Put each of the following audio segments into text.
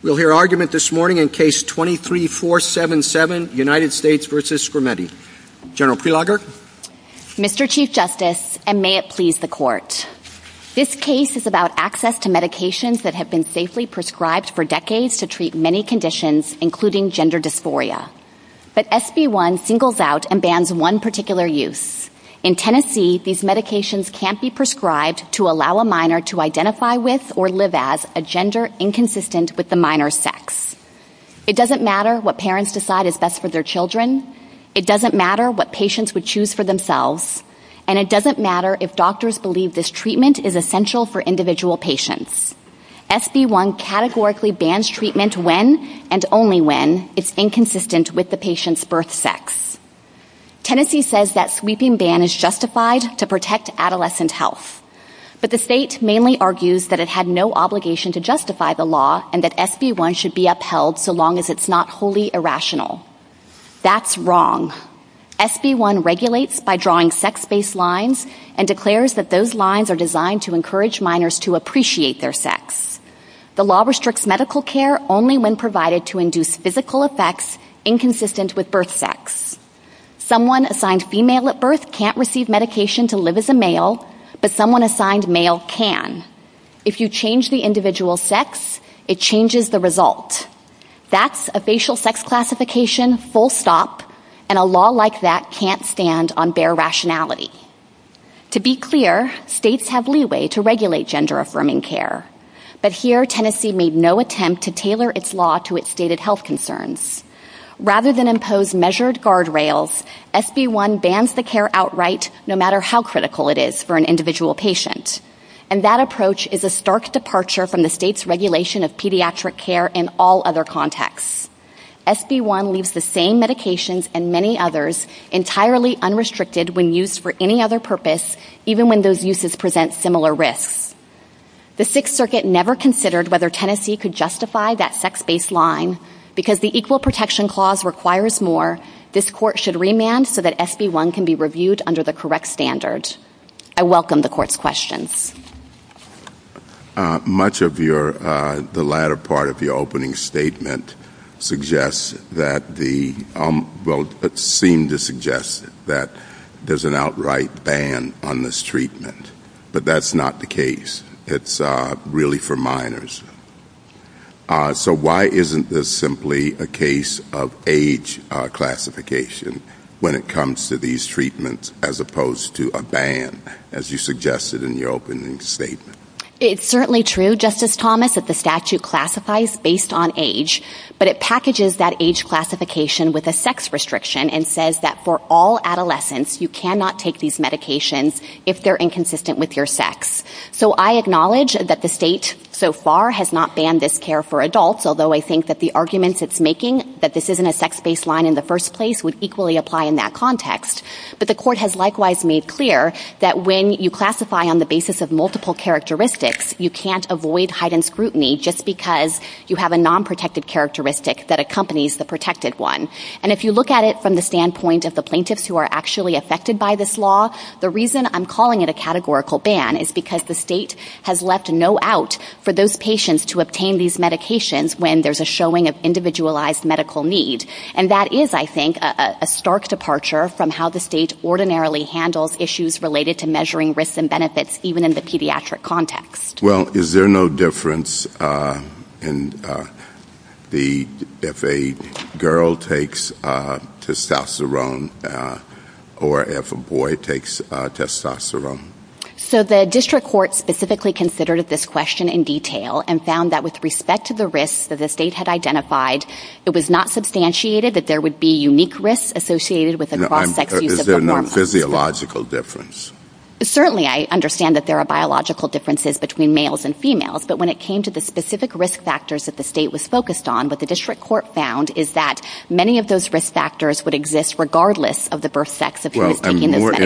We'll hear argument this morning in Case 23-477, United States v. Skrmetti. General Preloger. Mr. Chief Justice, and may it please the Court, this case is about access to medications that have been safely prescribed for decades to treat many conditions, including gender dysphoria. But SB-1 singles out and bans one particular use. In Tennessee, these medications can't be allow a minor to identify with or live as a gender inconsistent with the minor's sex. It doesn't matter what parents decide is best for their children. It doesn't matter what patients would choose for themselves. And it doesn't matter if doctors believe this treatment is essential for individual patients. SB-1 categorically bans treatment when, and only when, is inconsistent with the patient's birth sex. Tennessee says that sweeping ban is justified to protect adolescent health. But the state mainly argues that it had no obligation to justify the law and that SB-1 should be upheld so long as it's not wholly irrational. That's wrong. SB-1 regulates by drawing sex-based lines and declares that those lines are designed to encourage minors to appreciate their sex. The law restricts medical care only when provided to induce physical effects inconsistent with birth sex. Someone assigned female at birth can't receive medication to live as a male, but someone assigned male can. If you change the individual's sex, it changes the result. That's a facial sex classification, full stop, and a law like that can't stand on bare rationality. To be clear, states have leeway to regulate gender-affirming care. But here, Tennessee made no attempt to tailor its law to its stated health concerns. Rather than impose measured guardrails, SB-1 bans the care outright no matter how critical it is for an individual patient. And that approach is a stark departure from the state's regulation of pediatric care in all other contexts. SB-1 leaves the same medications and many others entirely unrestricted when used for any other purpose, even when those uses present similar risks. The Sixth Circuit never considered whether Tennessee could justify that sex baseline. Because the Equal Protection Clause requires more, this court should remand so that SB-1 can be reviewed under the correct standard. I welcome the court's questions. Much of the latter part of your opening statement suggests that the, well, it seemed to suggest that there's an outright ban on this treatment. But that's not the case. It's really for minors. So why isn't this simply a case of age classification when it comes to these treatments as opposed to a ban, as you suggested in your opening statement? It's certainly true, Justice Thomas, that the statute classifies based on age, but it packages that age classification with a sex restriction and says that for all adolescents, you cannot take these medications if they're inconsistent with your sex. So I acknowledge that the state so far has not banned this care for adults, although I think that the arguments it's making that this isn't a sex baseline in the first place would equally apply in that context. But the court has likewise made clear that when you classify on the basis of multiple characteristics, you can't avoid heightened scrutiny just because you have a non-protected characteristic that accompanies the protected one. And if you look at it from the standpoint of the plaintiffs who are actually affected by this law, the reason I'm calling it a categorical ban is because the state has left no out for those patients to obtain these medications when there's a showing of individualized medical need. And that is, I think, a stark departure from how the state ordinarily handles issues related to measuring risks and benefits, even in the pediatric context. Well, is there no difference if a girl takes testosterone or if a boy takes testosterone? So the district court specifically considered this question in detail and found that with respect to the risks that the state had identified, it was not substantiated that there would be unique risks associated with a broad sex use of hormones. Is there a physiological difference? Certainly, I understand that there are biological differences between males and females, but when it came to the specific risk factors that the state was focused on, what the district court found is that many of those risk factors would exist regardless of the birth sex of who was taking the medication. Well, I'm more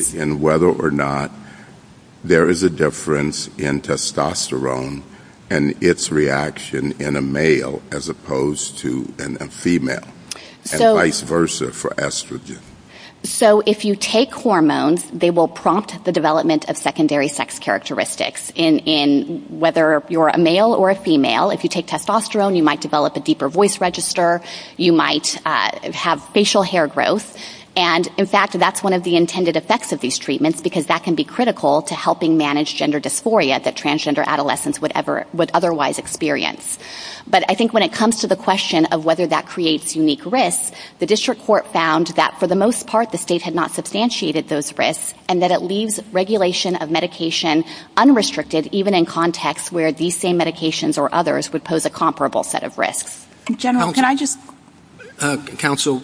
interested in whether or not there is a difference in testosterone and its reaction in a male as opposed to in a female, and vice versa for estrogen. So if you take hormones, they will prompt the development of secondary sex characteristics in whether you're a male or a female. If you take testosterone, you might develop a deeper voice register. You might have facial hair growth. And, in fact, that's one of the intended effects of these treatments because that can be critical to helping manage gender dysphoria that transgender adolescents would otherwise experience. But I think when it comes to the question of whether that creates unique risks, the district court found that for the most part the state had not substantiated those risks and that it leaves regulation of medication unrestricted even in contexts where these same medications or others would pose a comparable set of risks. General, can I just... Counsel,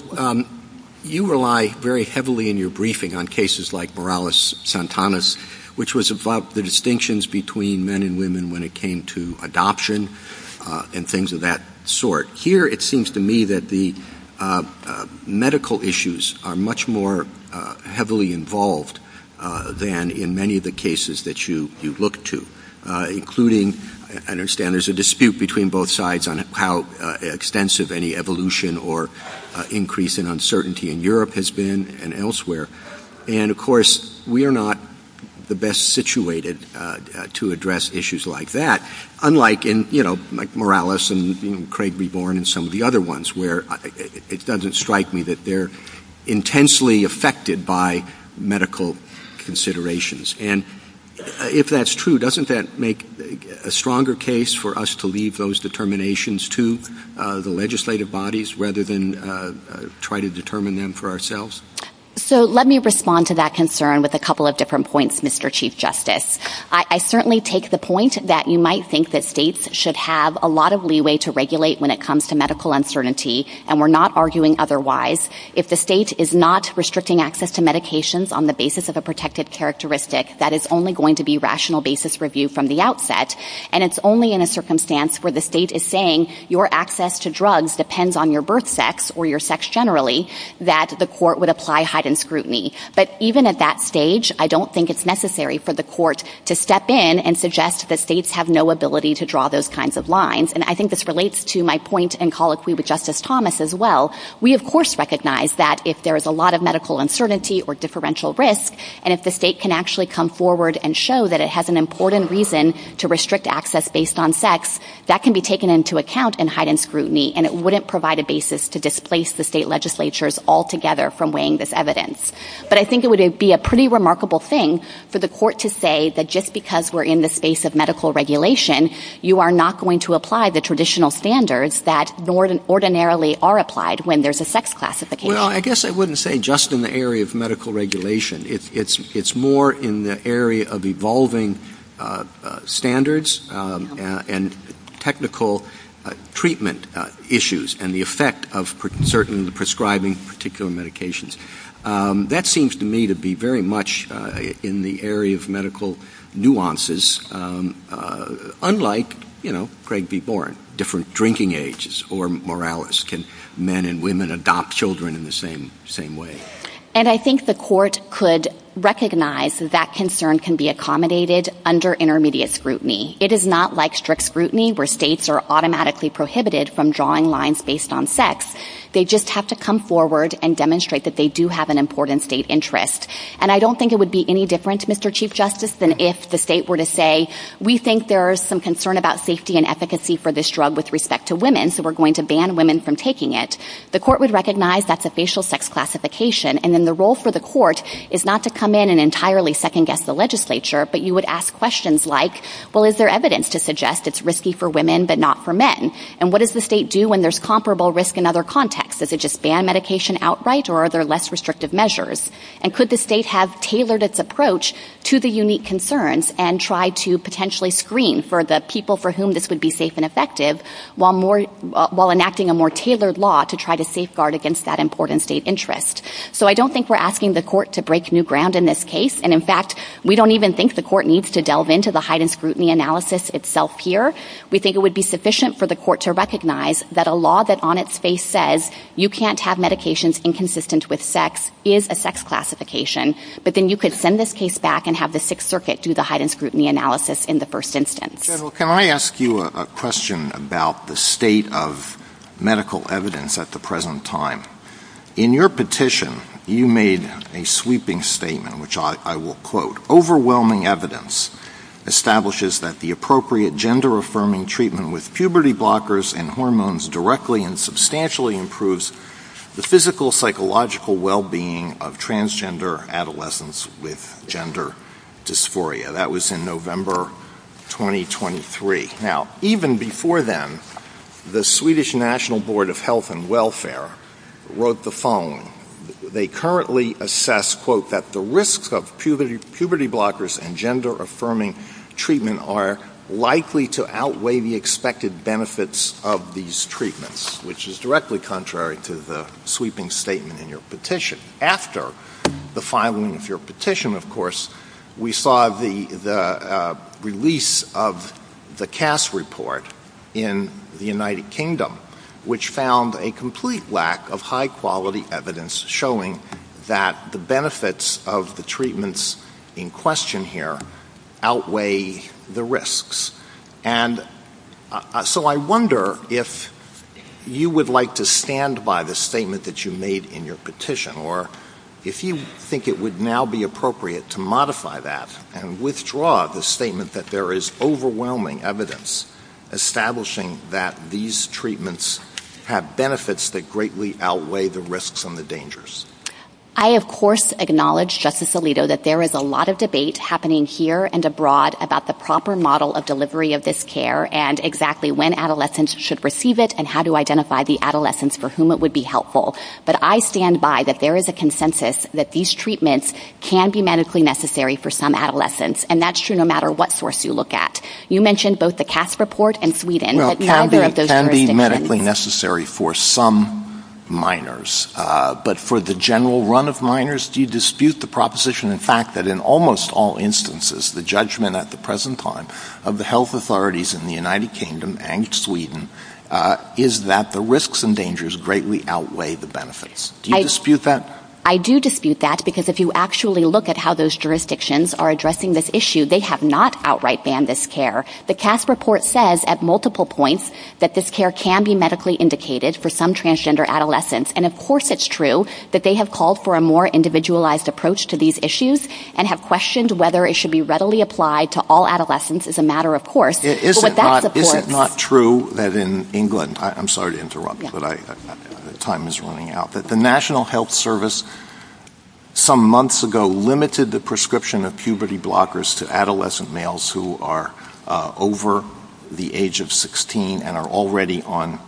you rely very heavily in your briefing on cases like Morales-Santanas, which was about the distinctions between men and women when it came to adoption and things of that sort. Here, it seems to me that the medical issues are much more heavily involved than in many of the cases that you look to, including, I understand there's a dispute between both sides on how extensive any evolution or increase in uncertainty in Europe has been and elsewhere. And, of course, we are not the best situated to address issues like that, unlike in, you know, Morales and Craig B. Boren and some of the other ones where it doesn't strike me that they're intensely affected by medical considerations. And if that's true, doesn't that make a stronger case for us to leave those determinations to the legislative bodies rather than try to determine them for ourselves? So let me respond to that concern with a couple of different points, Mr. Chief Justice. I certainly take the point that you might think that states should have a lot of leeway to regulate when it comes to medical uncertainty, and we're not arguing otherwise. If the state is not restricting access to medications on the basis of a protected characteristic, that is only going to be rational basis review from the outset. And it's only in a circumstance where the state is saying your access to drugs depends on your birth sex or your sex generally that the court would apply heightened scrutiny. But even at that stage, I don't think it's necessary for the court to step in and suggest that states have no ability to draw those kinds of lines. And I think this relates to my point in colloquy with Justice Thomas as well. We, of course, recognize that if there is a lot of medical uncertainty or differential risk, and if the state can actually come forward and show that it has an important reason to restrict access based on sex, that can be taken into account in heightened scrutiny, and it wouldn't provide a basis to displace the state legislatures altogether from weighing this evidence. But I think it would be a pretty remarkable thing for the court to say that just because we're in the space of medical regulation, you are not going to apply the traditional standards that ordinarily are applied when there's a sex classification. Well, I guess I wouldn't say just in the area of medical regulation. It's more in the area of evolving standards and technical treatment issues and the effect of certain prescribing particular medications. That seems to me to be very much in the area of medical nuances, unlike, you know, Craig B. Boren, different drinking ages or moralis. Can men and women adopt children in the same way? And I think the court could recognize that concern can be accommodated under intermediate scrutiny. It is not like strict scrutiny where states are automatically prohibited from drawing lines based on sex. They just have to come forward and demonstrate that they do have an important state interest. And I don't think it would be any different, Mr. Chief Justice, than if the state were to say, we think there is some concern about safety and efficacy for this drug with respect to women, so we're going to ban women from taking it. The court would recognize that's a facial sex classification, and then the role for the court is not to come in and entirely second-guess the legislature, but you would ask questions like, well, is there evidence to suggest it's risky for women but not for men? And what does the state do when there's comparable risk in other contexts? Does it just ban medication outright, or are there less restrictive measures? And could the state have tailored its approach to the unique concerns and try to potentially screen for the people for whom this would be safe and effective while enacting a more tailored law to try to safeguard against that important state interest? So I don't think we're asking the court to break new ground in this case, and in fact, we don't even think the court needs to delve into the heightened scrutiny analysis itself here. We think it would be sufficient for the court to recognize that a law that on its face says you can't have medications inconsistent with sex is a sex classification, but then you could send this case back and have the Sixth Circuit do the heightened scrutiny analysis in the first instance. General, can I ask you a question about the state of medical evidence at the present time? In your petition, you made a sweeping statement, which I will quote, overwhelming evidence establishes that the appropriate gender-affirming treatment with puberty blockers and hormones directly and substantially improves the physical, psychological well-being of transgender adolescents with gender dysphoria. That was in November 2023. Now, even before then, the Swedish National Board of Health and Welfare wrote the phone. They currently assess, quote, that the risks of puberty blockers and gender-affirming treatment are likely to outweigh the expected benefits of these treatments, which is directly contrary to the sweeping statement in your petition. After the filing of your petition, of course, we saw the release of the CAS report in the United Kingdom, which found a complete lack of high-quality evidence showing that the benefits of the treatments in question here outweigh the risks. So I wonder if you would like to stand by the statement that you made in your petition, or if you think it would now be appropriate to modify that and withdraw the statement that there is overwhelming evidence establishing that these treatments have benefits that greatly outweigh the risks and the dangers. I, of course, acknowledge, Justice Alito, that there is a lot of debate happening here and abroad about the proper model of delivery of this care and exactly when adolescents should receive it and how to identify the adolescents for whom it would be helpful. But I stand by that there is a consensus that these treatments can be medically necessary for some adolescents, and that's true no matter what source you look at. You mentioned both the CAS report and Sweden. It can be medically necessary for some minors. But for the general run of minors, do you dispute the proposition, in fact, that in almost all instances, the judgment at the present time of the health authorities in the United Kingdom and Sweden is that the risks and dangers greatly outweigh the benefits? Do you dispute that? I do dispute that because if you actually look at how those jurisdictions are addressing this issue, they have not outright banned this care. The CAS report says at multiple points that this care can be medically indicated for some transgender adolescents. And, of course, it's true that they have called for a more individualized approach to these issues and have questioned whether it should be readily applied to all adolescents as a matter of course. Is it not true that in England, I'm sorry to interrupt, but time is running out, that the National Health Service some months ago limited the prescription of puberty blockers to adolescent males who are over the age of 16 and are already on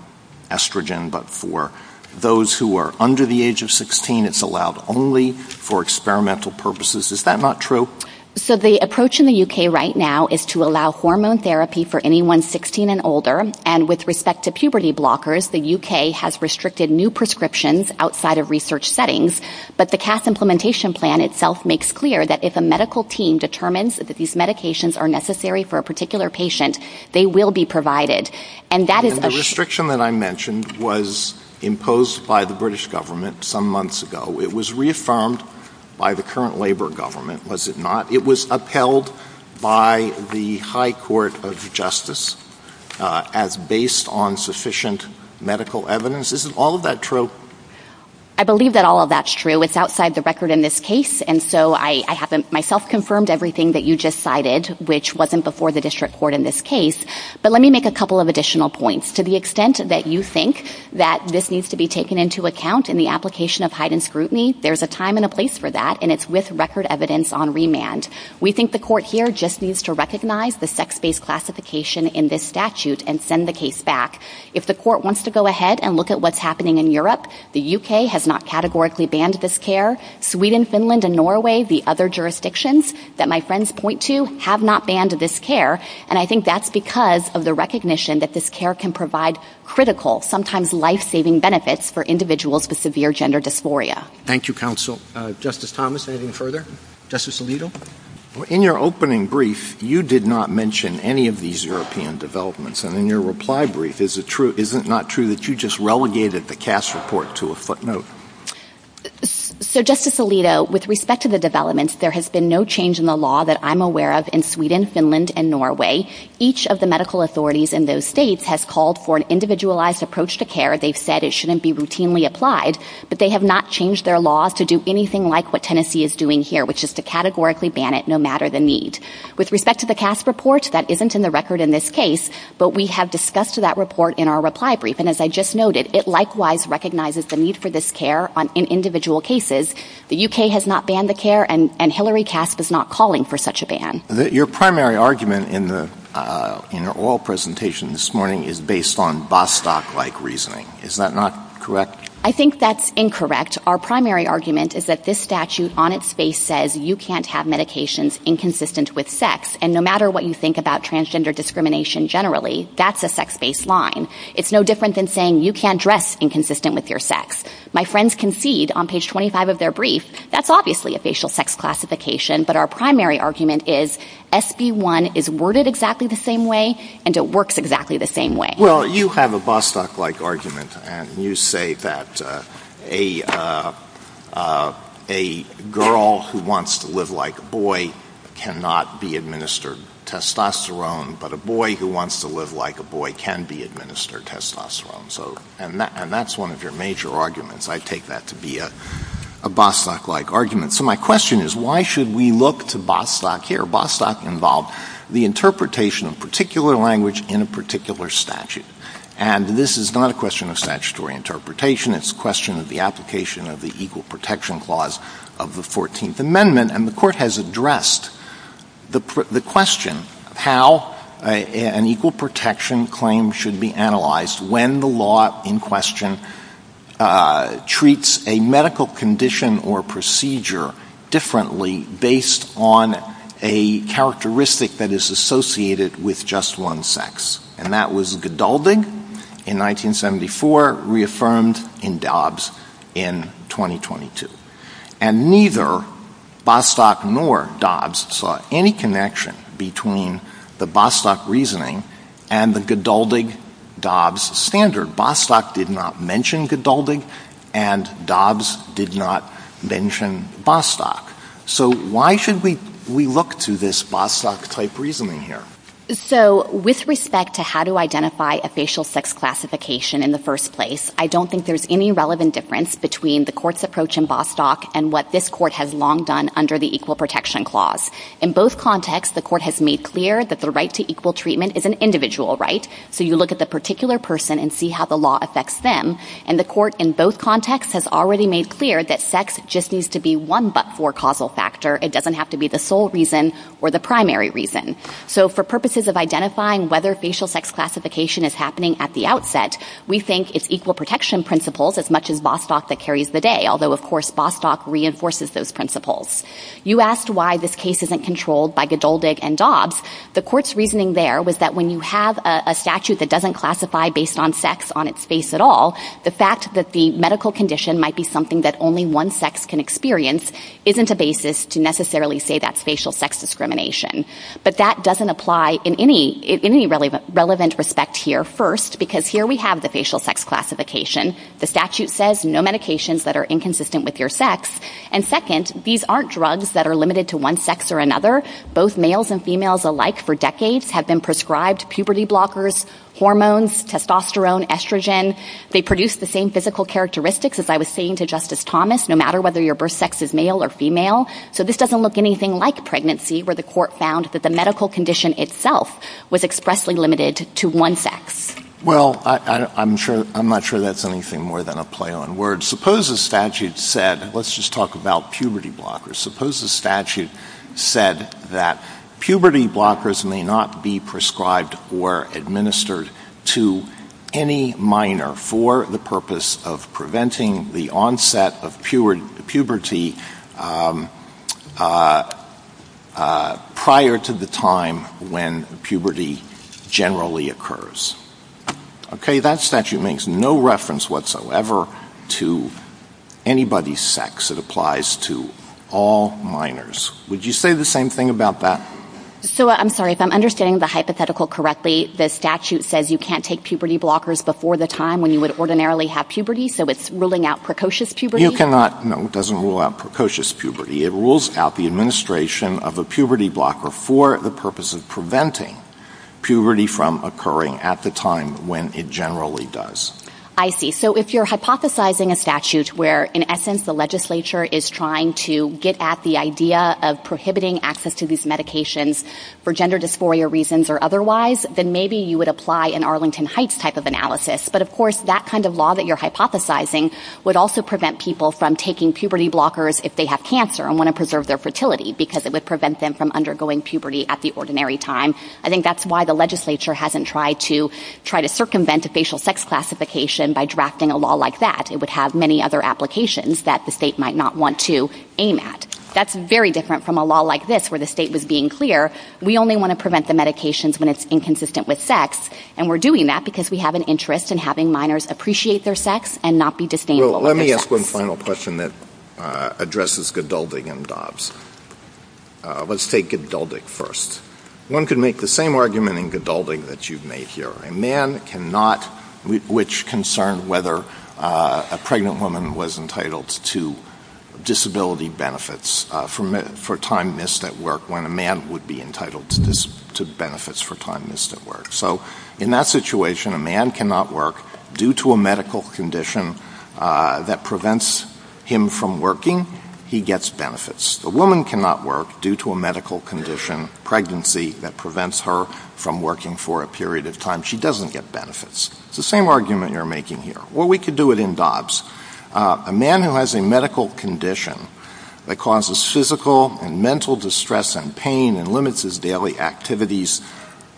estrogen. But for those who are under the age of 16, it's allowed only for experimental purposes. Is that not true? So the approach in the UK right now is to allow hormone therapy for anyone 16 and older. And with respect to puberty blockers, the UK has restricted new prescriptions outside of research settings. But the CAS implementation plan itself makes clear that if a medical team determines that these medications are necessary for a particular patient, they will be provided. And the restriction that I mentioned was imposed by the British government some months ago. It was reaffirmed by the current labor government, was it not? It was upheld by the High Court of Justice as based on sufficient medical evidence. Is all of that true? I believe that all of that's true. It's outside the record in this case. And so I haven't myself confirmed everything that you just cited, which wasn't before the district court in this case. But let me make a couple of additional points. To the extent that you think that this needs to be taken into account in the application of heightened scrutiny, there's a time and a place for that. And it's with record evidence on remand. We think the court here just needs to recognize the sex-based classification in this statute and send the case back. If the court wants to go ahead and look at what's happening in Europe, the UK has not categorically banned this care. Sweden, Finland, and Norway, the other jurisdictions that my friends point to, have not banned this care. And I think that's because of the recognition that this care can provide critical, sometimes life-saving benefits for individuals with severe gender dysphoria. Thank you, counsel. Justice Thomas, anything further? Justice Alito? In your opening brief, you did not mention any of these European developments. And in your reply brief, is it not true that you just relegated the CAS report to a footnote? So, Justice Alito, with respect to the developments, there has been no change in the law that I'm aware of in Sweden, Finland, and Norway. Each of the medical authorities in those states has called for an individualized approach to care. They've said it shouldn't be routinely applied. But they have not changed their law to do anything like what Tennessee is doing here, which is to categorically ban it no matter the need. With respect to the CAS report, that isn't in the record in this case, but we have discussed that report in our reply brief. And as I just noted, it likewise recognizes the need for this care in individual cases. The UK has not banned the care, and Hillary Casp is not calling for such a ban. Your primary argument in the oral presentation this morning is based on Bostock-like reasoning. Is that not correct? I think that's incorrect. Our primary argument is that this statute, on its face, says you can't have medications inconsistent with sex. And no matter what you transgender discrimination generally, that's a sex-based line. It's no different than saying you can't dress inconsistent with your sex. My friends concede, on page 25 of their brief, that's obviously a facial sex classification. But our primary argument is SB1 is worded exactly the same way, and it works exactly the same way. Well, you have a Bostock-like argument, and you say that a girl who wants to live like a boy cannot be administered testosterone, but a boy who wants to live like a boy can be administered testosterone. And that's one of your major arguments. I take that to be a Bostock-like argument. So my question is, why should we look to Bostock here? Bostock involved the interpretation of language in a particular statute. And this is not a question of statutory interpretation. It's a question of the application of the Equal Protection Clause of the 14th Amendment. And the Court has addressed the question, how an equal protection claim should be analyzed when the law in question treats a medical condition or procedure differently based on a characteristic that is associated with just one sex. And that was Godaldig in 1974, reaffirmed in Dobbs in 2022. And neither Bostock nor Dobbs saw any connection between the Bostock reasoning and the Godaldig Dobbs standard. Bostock did not mention Godaldig, and Dobbs did not mention Bostock. So why should we look to this Bostock-type reasoning here? So with respect to how to identify a facial sex classification in the first place, I don't think there's any relevant difference between the Court's approach in Bostock and what this Court has long done under the Equal Protection Clause. In both contexts, the Court has made clear that the right to equal treatment is an individual right. So you look at the particular person and see how the law affects them. And the Court in both contexts has already made clear that sex just needs to be one but-for causal factor. It doesn't have to be the sole reason or the primary reason. So for purposes of identifying whether facial sex classification is happening at the outset, we think it's equal protection principles as much as Bostock that carries the day, although, of course, Bostock reinforces those principles. You asked why this case isn't controlled by Godaldig and Dobbs. The Court's reasoning there was that when you have a statute that doesn't classify based on sex on its face at all, the fact that the medical condition might be something that one sex can experience isn't a basis to necessarily say that's facial sex discrimination. But that doesn't apply in any relevant respect here, first, because here we have the facial sex classification. The statute says no medications that are inconsistent with your sex. And second, these aren't drugs that are limited to one sex or another. Both males and females alike for decades have been prescribed puberty blockers, hormones, testosterone, estrogen. They produce the same characteristics as I was saying to Justice Thomas, no matter whether your birth sex is male or female. So this doesn't look anything like pregnancy, where the Court found that the medical condition itself was expressly limited to one sex. Well, I'm not sure that's anything more than a play on words. Suppose the statute said, let's just talk about puberty blockers. Suppose the statute said that puberty blockers may not be prescribed or administered to any minor for the purpose of preventing the onset of puberty prior to the time when puberty generally occurs. Okay, that statute makes no reference whatsoever to anybody's sex. It applies to all minors. Would you say the same thing about that? So, I'm sorry, if I'm understanding the hypothetical correctly, the statute says you can't take puberty blockers before the time when you would ordinarily have puberty, so it's ruling out precocious puberty? No, it doesn't rule out precocious puberty. It rules out the administration of a puberty blocker for the purpose of preventing puberty from occurring at the time when it generally does. I see. So if you're hypothesizing a statute where, in essence, the legislature is trying to get at the idea of prohibiting access to these medications for gender dysphoria reasons or otherwise, then maybe you would apply an Arlington Heights type of analysis. But, of course, that kind of law that you're hypothesizing would also prevent people from taking puberty blockers if they have cancer and want to preserve their fertility because it would prevent them from undergoing puberty at the ordinary time. I think that's why the legislature hasn't tried to circumvent the facial sex classification by drafting a law like that. It would have many other applications that the state might not want to That's very different from a law like this where the state was being clear, we only want to prevent the medications when it's inconsistent with sex, and we're doing that because we have an interest in having minors appreciate their sex and not be disdainful of their sex. Let me ask one final question that addresses Gedulding and Dobbs. Let's take Gedulding first. One could make the same argument in Gedulding that you've made here. A man cannot, which concerned whether a pregnant woman was entitled to disability benefits for time missed at work when a man would be entitled to benefits for time missed at work. So, in that situation, a man cannot work due to a medical condition that prevents him from working, he gets benefits. A woman cannot work due to a medical condition, pregnancy, that prevents her from working for a period of time. She doesn't get benefits. It's the same argument you're making here. Well, we could do it in Dobbs. A man who has a medical condition that causes physical and mental distress and pain and limits his daily activities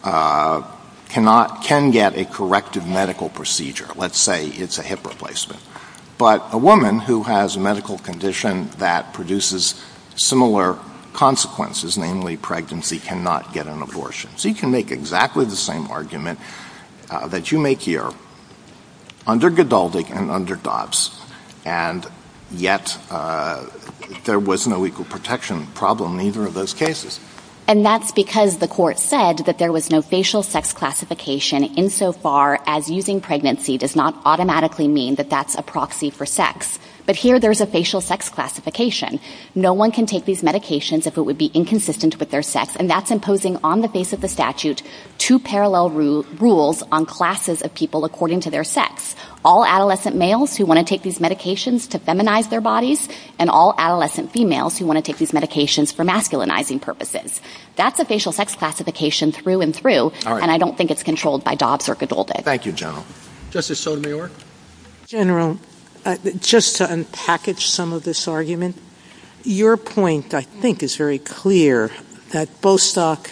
cannot, can get a corrective medical procedure. Let's say it's a hip replacement. But a woman who has a medical condition that produces similar consequences, namely pregnancy, cannot get an abortion. So you can make exactly the same argument that you make here under Gedulding and under Dobbs, and yet there was no equal protection problem in either of those cases. And that's because the court said that there was no facial sex classification insofar as using pregnancy does not automatically mean that that's a proxy for sex. But here, there's a facial sex classification. No one can take these medications if it would be inconsistent with their sex, and that's imposing on the face of the statute two parallel rules on classes of people according to their sex. All adolescent males who want to take these medications to feminize their bodies, and all adolescent females who want to take these medications for masculinizing purposes. That's a facial sex classification through and through, and I don't think it's controlled by Dobbs or Gedulding. Thank you, General. Justice Sotomayor? General, just to unpackage some of this argument, your point I think is very clear that Bostock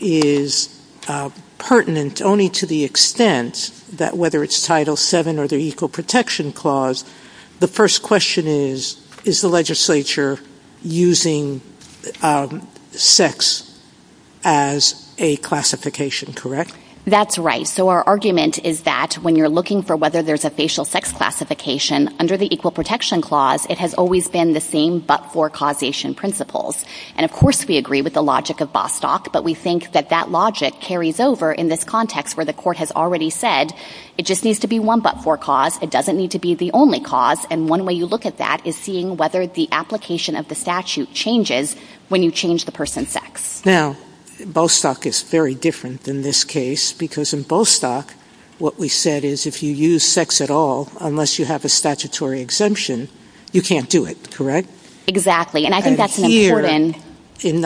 is pertinent only to the extent that whether it's Title VII or the Equal Protection Clause, the first question is, is the legislature using sex as a classification, correct? That's right. So our argument is that when you're looking for whether there's a facial sex classification under the Equal Protection Clause, it has always been the same but-for causation principles. And of course we agree with the logic of Bostock, but we think that that logic carries over in this context where the court has already said it just needs to be one but-for cause. It doesn't need to be the only cause. And one way you look at that is seeing whether the application of the statute changes when you change the person's sex. Now, Bostock is very different in this case because in Bostock what we said is if you use sex at all, unless you have a statutory exemption, you can't do it, correct? Exactly. And I think that's-And here,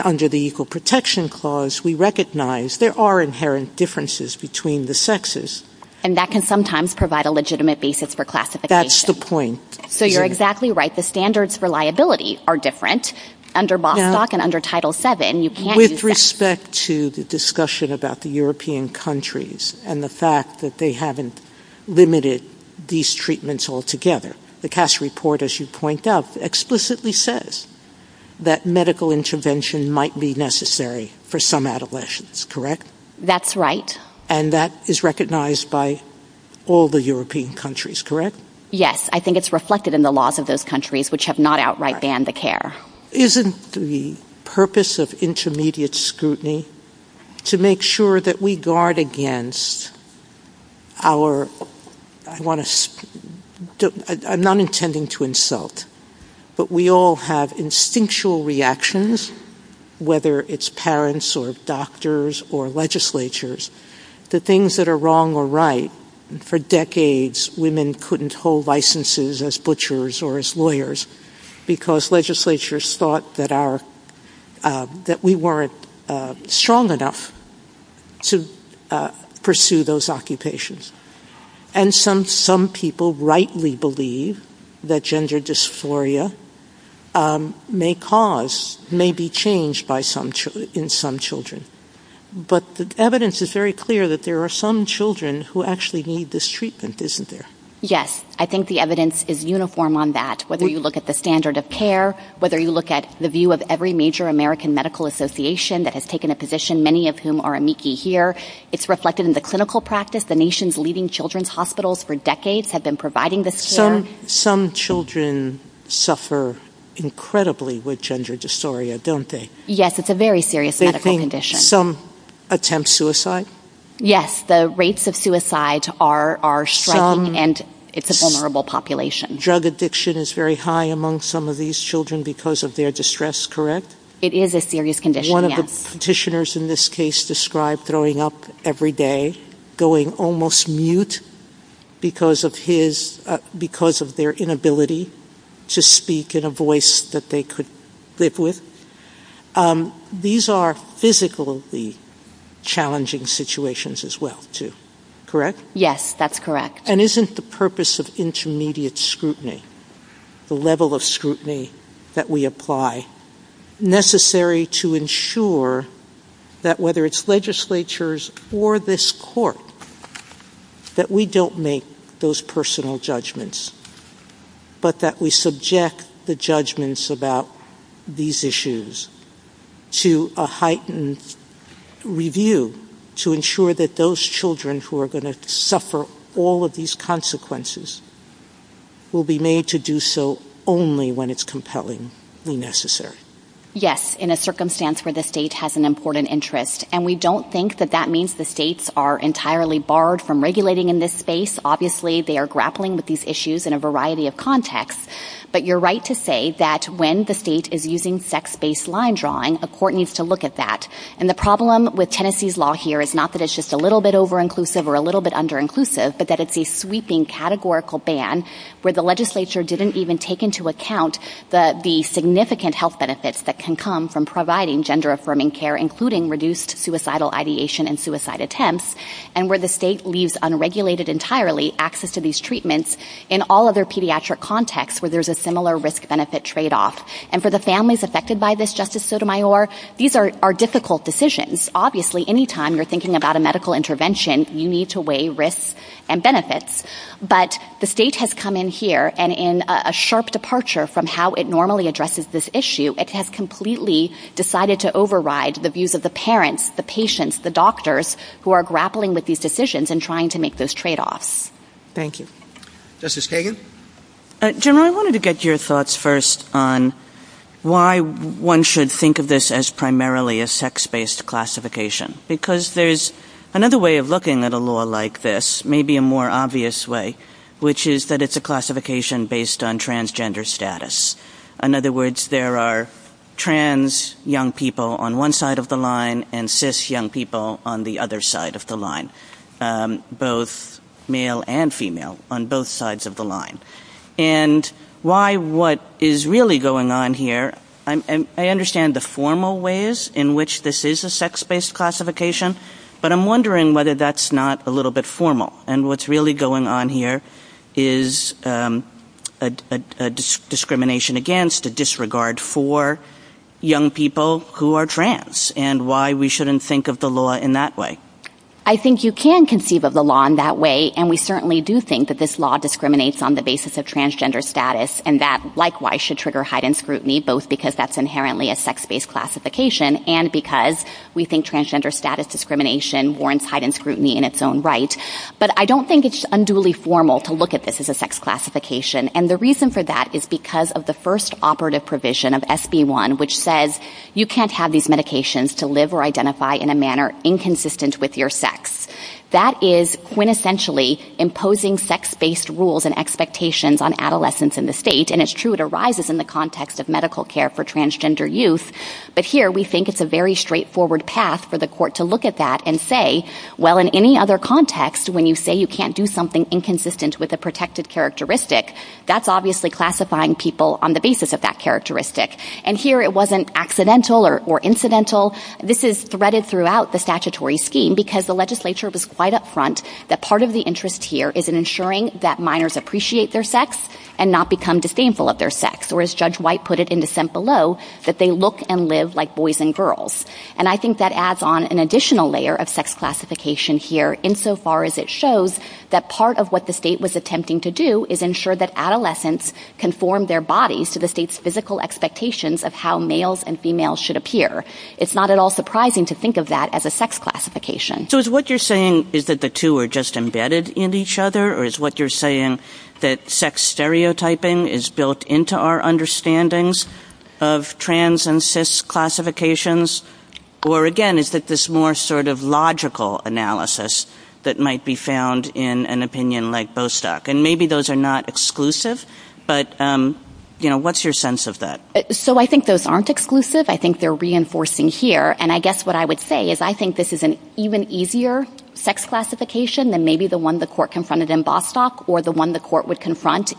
under the Equal Protection Clause, we recognize there are inherent differences between the sexes. And that can sometimes provide a legitimate basis for classification. That's the point. So you're exactly right. The standards for liability are different under Bostock and Title VII. With respect to the discussion about the European countries and the fact that they haven't limited these treatments altogether, the CAS report, as you point out, explicitly says that medical intervention might be necessary for some adolescents, correct? That's right. And that is recognized by all the European countries, correct? Yes. I think it's reflected in the laws of those countries which have not outright banned the care. Isn't the purpose of intermediate scrutiny to make sure that we guard against our-I want to-I'm not intending to insult, but we all have instinctual reactions, whether it's parents or doctors or legislatures, to things that are wrong or right. For decades, women couldn't hold licenses as butchers or as lawyers because legislatures thought that we weren't strong enough to pursue those occupations. And some people rightly believe that gender dysphoria may cause-may be changed in some children. But the evidence is very clear that there are some who actually need this treatment, isn't there? Yes. I think the evidence is uniform on that. Whether you look at the standard of care, whether you look at the view of every major American medical association that has taken a position, many of whom are amici here, it's reflected in the clinical practice. The nation's leading children's hospitals for decades have been providing this care. Some children suffer incredibly with gender dysphoria, don't they? Yes. It's a very serious medical condition. Some attempt suicide? Yes. The rates of suicide are striking, and it's a vulnerable population. Drug addiction is very high among some of these children because of their distress, correct? It is a serious condition, yes. One of the petitioners in this case described throwing up every day, going almost mute because of his-because of their inability to speak in a voice that they could live with. These are physically challenging situations as well, too, correct? Yes, that's correct. And isn't the purpose of intermediate scrutiny, the level of scrutiny that we apply, necessary to ensure that whether it's legislatures or this court, that we don't make those personal judgments, but that we subject the judgments about these issues to a heightened review to ensure that those children who are going to suffer all of these consequences will be made to do so only when it's compellingly necessary? Yes, in a circumstance where the state has an important interest, and we don't think that means the states are entirely barred from regulating in this space. Obviously, they are grappling with these issues in a variety of contexts, but you're right to say that when the state is using sex-based line drawing, a court needs to look at that. And the problem with Tennessee's law here is not that it's just a little bit over-inclusive or a little bit under-inclusive, but that it's a sweeping categorical ban where the legislature didn't even take into account the significant health benefits that can come from providing gender affirming care, including reduced suicidal ideation and suicide attempts, and where the state leaves unregulated entirely access to these treatments in all other pediatric contexts where there's a similar risk-benefit trade-off. And for the families affected by this, Justice Sotomayor, these are difficult decisions. Obviously, any time you're thinking about a medical intervention, you need to weigh risks and benefits, but the state has come in here, and in a sharp departure from how it normally addresses this issue, it has completely decided to override the views of the parents, the patients, the doctors who are grappling with these decisions and trying to make those trade-offs. Thank you. Justice Kagan? General, I wanted to get your thoughts first on why one should think of this as primarily a sex-based classification, because there's another way of looking at a law like this, maybe a more obvious way, which is that it's a classification based on transgender status. In other words, there are trans young people on one side of the line and cis young people on the other side of the line, both male and female on both sides of the line. And why what is really going on here, I understand the formal ways in which this is a sex-based classification, but I'm wondering whether that's not a little bit formal, and what's really going on here is a discrimination against, a disregard for young people who are trans, and why we shouldn't think of the law in that way. I think you can conceive of the law in that way, and we certainly do think that this law discriminates on the basis of transgender status, and that likewise should trigger heightened scrutiny, both because that's inherently a sex-based classification and because we think transgender status discrimination warrants heightened scrutiny in its own right. But I don't think it's unduly formal to look at this as a sex classification, and the reason for that is because of the first operative provision of SB1, which says you can't have these medications to live or identify in a manner inconsistent with your sex. That is quintessentially imposing sex-based rules and expectations on adolescents in the state, and it's true it arises in the context of medical care for transgender youth, but here we think it's a very straightforward path for the to look at that and say, well, in any other context, when you say you can't do something inconsistent with a protected characteristic, that's obviously classifying people on the basis of that characteristic, and here it wasn't accidental or incidental. This is threaded throughout the statutory scheme because the legislature was quite upfront that part of the interest here is in ensuring that minors appreciate their sex and not become disdainful of their sex, or as Judge White put it in the sent below, that they look and live like boys and girls, and I think that adds on an additional layer of sex classification here insofar as it shows that part of what the state was attempting to do is ensure that adolescents conform their bodies to the state's physical expectations of how males and females should appear. It's not at all surprising to think of that as a sex classification. So is what you're saying is that the two are just embedded in each other, or is what you're saying that sex stereotyping is built into our understandings of trans and cis classifications, or again, is that this more sort of logical analysis that might be found in an opinion like Bostock, and maybe those are not exclusive, but, you know, what's your sense of that? So I think those aren't exclusive. I think they're reinforcing here, and I guess what I would say is I think this is an even easier sex classification than maybe the one the court confronted in Bostock or the one the court would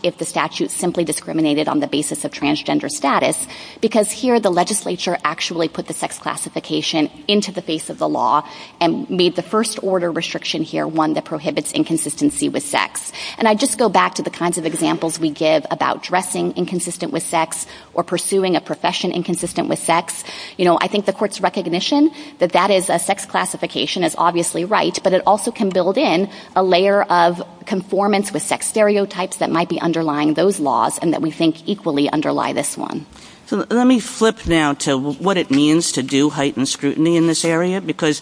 if the statute simply discriminated on the basis of transgender status, because here the legislature actually put the sex classification into the face of the law and made the first order restriction here one that prohibits inconsistency with sex, and I just go back to the kinds of examples we give about dressing inconsistent with sex or pursuing a profession inconsistent with sex. You know, I think the court's recognition that that is a sex classification is obviously right, but it also can build in a layer of conformance with sex stereotypes that might be underlying those laws and that we think equally underlie this one. So let me flip now to what it means to do heightened scrutiny in this area, because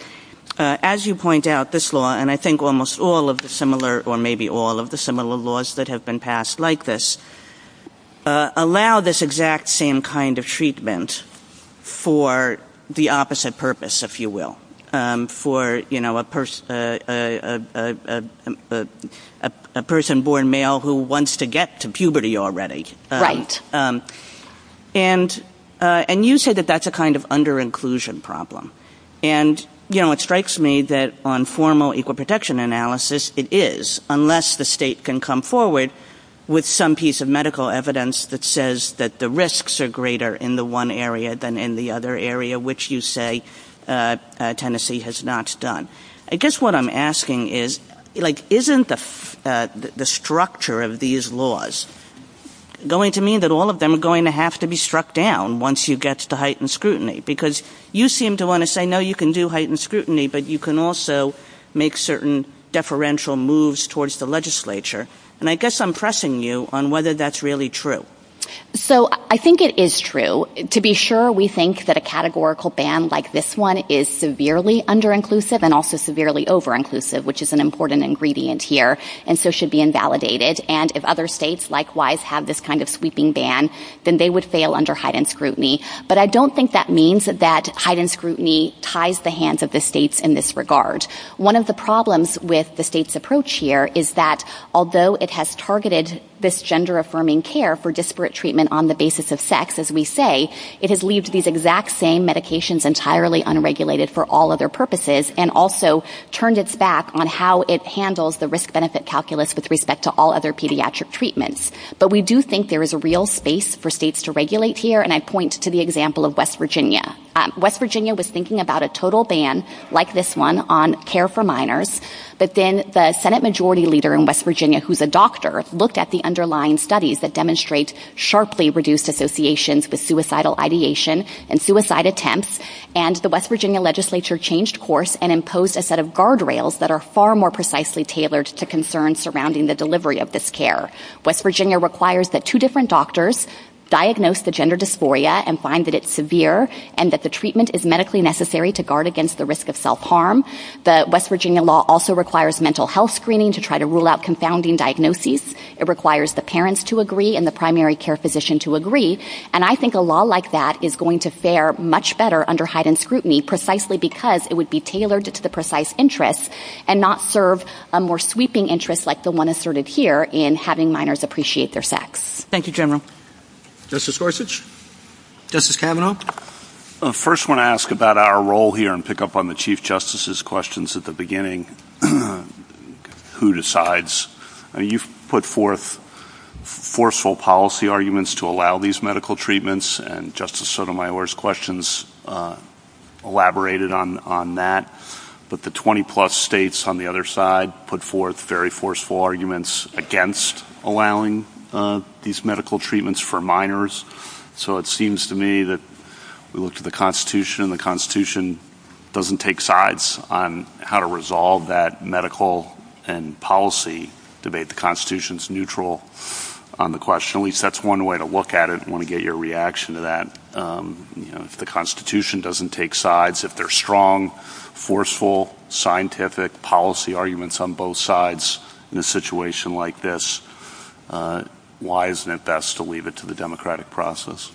as you point out, this law, and I think almost all of the similar or maybe all of the similar laws that have been passed like this, allow this exact same kind of treatment for the opposite purpose, if you will, for, you know, a person born male who wants to get to puberty already. And you say that that's a kind of under-inclusion problem. And, you know, it strikes me that on formal equal protection analysis, it is, unless the state can come with some piece of medical evidence that says that the risks are greater in the one area than in the other area, which you say Tennessee has not done. I guess what I'm asking is, like, isn't the structure of these laws going to mean that all of them are going to have to be struck down once you get to heightened scrutiny? Because you seem to want to say, no, you can do heightened scrutiny, but you can also make certain deferential moves towards the legislature. And I guess I'm pressing you on whether that's really true. So I think it is true. To be sure, we think that a categorical ban like this one is severely under-inclusive and also severely over-inclusive, which is an important ingredient here, and so should be invalidated. And if other states likewise have this kind of sweeping ban, then they would fail under heightened scrutiny. But I don't think that means that heightened scrutiny ties the hands of the states in this regard. One of the problems with the state's approach here is that although it has targeted this gender-affirming care for disparate treatment on the basis of sex, as we say, it has leaved these exact same medications entirely unregulated for all other purposes and also turned its back on how it handles the risk-benefit calculus with respect to all other pediatric treatments. But we do think there is a real space for states to regulate here, and I point to the example of West Virginia. West Virginia was thinking about a total ban like this one on care for minors, but then the Senate Majority Leader in West Virginia, who's a doctor, looked at the underlying studies that demonstrate sharply reduced associations with suicidal ideation and suicide attempts, and the West Virginia legislature changed course and imposed a set of guardrails that are far more precisely tailored to concerns surrounding the delivery of this care. West Virginia requires that two different doctors diagnose the gender dysphoria and find that it's severe and that the treatment is medically necessary to guard against the risk of self-harm. The West Virginia law also requires mental health screening to try to rule out confounding diagnoses. It requires the parents to agree and the primary care physician to agree, and I think a law like that is going to fare much better under heightened scrutiny precisely because it would be tailored to the precise interests and not serve a more sweeping interest like the one asserted here in having minors appreciate their sex. Thank you, General. Justice Gorsuch? Justice Kavanaugh? First, I want to ask about our role here and pick up on the Chief Justice's questions at the beginning. Who decides? You've put forth forceful policy arguments to allow these medical treatments, and Justice Sotomayor's questions elaborated on that, but the 20-plus states on the other side put forth very forceful against allowing these medical treatments for minors, so it seems to me that we look to the Constitution, and the Constitution doesn't take sides on how to resolve that medical and policy debate. The Constitution's neutral on the question. At least that's one way to look at it. I want to get your reaction to that. You know, if the Constitution doesn't take sides, if there's strong, forceful, scientific policy arguments on both sides in a situation like this, why isn't it best to leave it to the democratic process?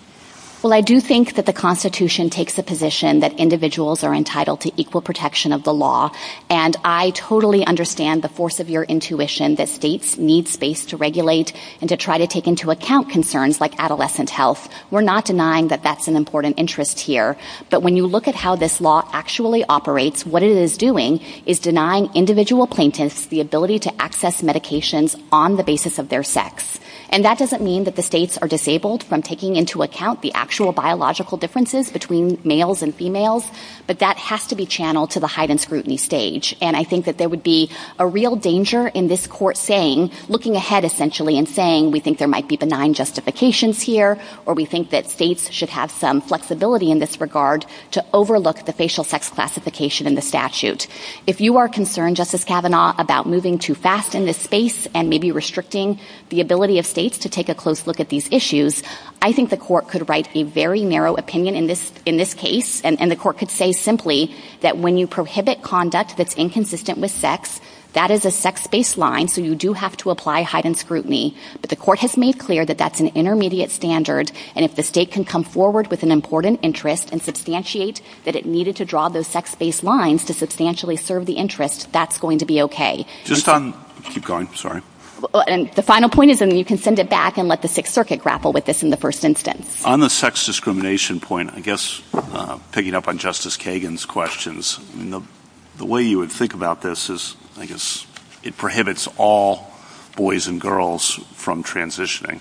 Well, I do think that the Constitution takes the position that individuals are entitled to equal protection of the law, and I totally understand the force of your intuition that states need space to regulate and to try to take into account concerns like adolescent health. We're not denying that that's important interest here, but when you look at how this law actually operates, what it is doing is denying individual plaintiffs the ability to access medications on the basis of their sex, and that doesn't mean that the states are disabled from taking into account the actual biological differences between males and females, but that has to be channeled to the heightened scrutiny stage, and I think that there would be a real danger in this court saying, looking ahead, essentially, and saying, we think there might be benign justifications here, or we think that states should have some flexibility in this regard to overlook the facial sex classification in the statute. If you are concerned, Justice Kavanaugh, about moving too fast in this space and maybe restricting the ability of states to take a close look at these issues, I think the court could write a very narrow opinion in this case, and the court could say simply that when you prohibit conduct that's inconsistent with sex, that is a sex-based line, so you do have to apply heightened scrutiny, but the court has made clear that that's an intermediate standard, and if the state can come forward with an important interest and substantiate that it needed to draw those sex-based lines to substantially serve the interest, that's going to be okay. Just on, keep going, sorry. And the final point is, and you can send it back and let the Sixth Circuit grapple with this in the first instance. On the sex discrimination point, I guess, picking up on Justice Kagan's questions, the way you would think about this is, I guess, it prohibits all boys and girls from transitioning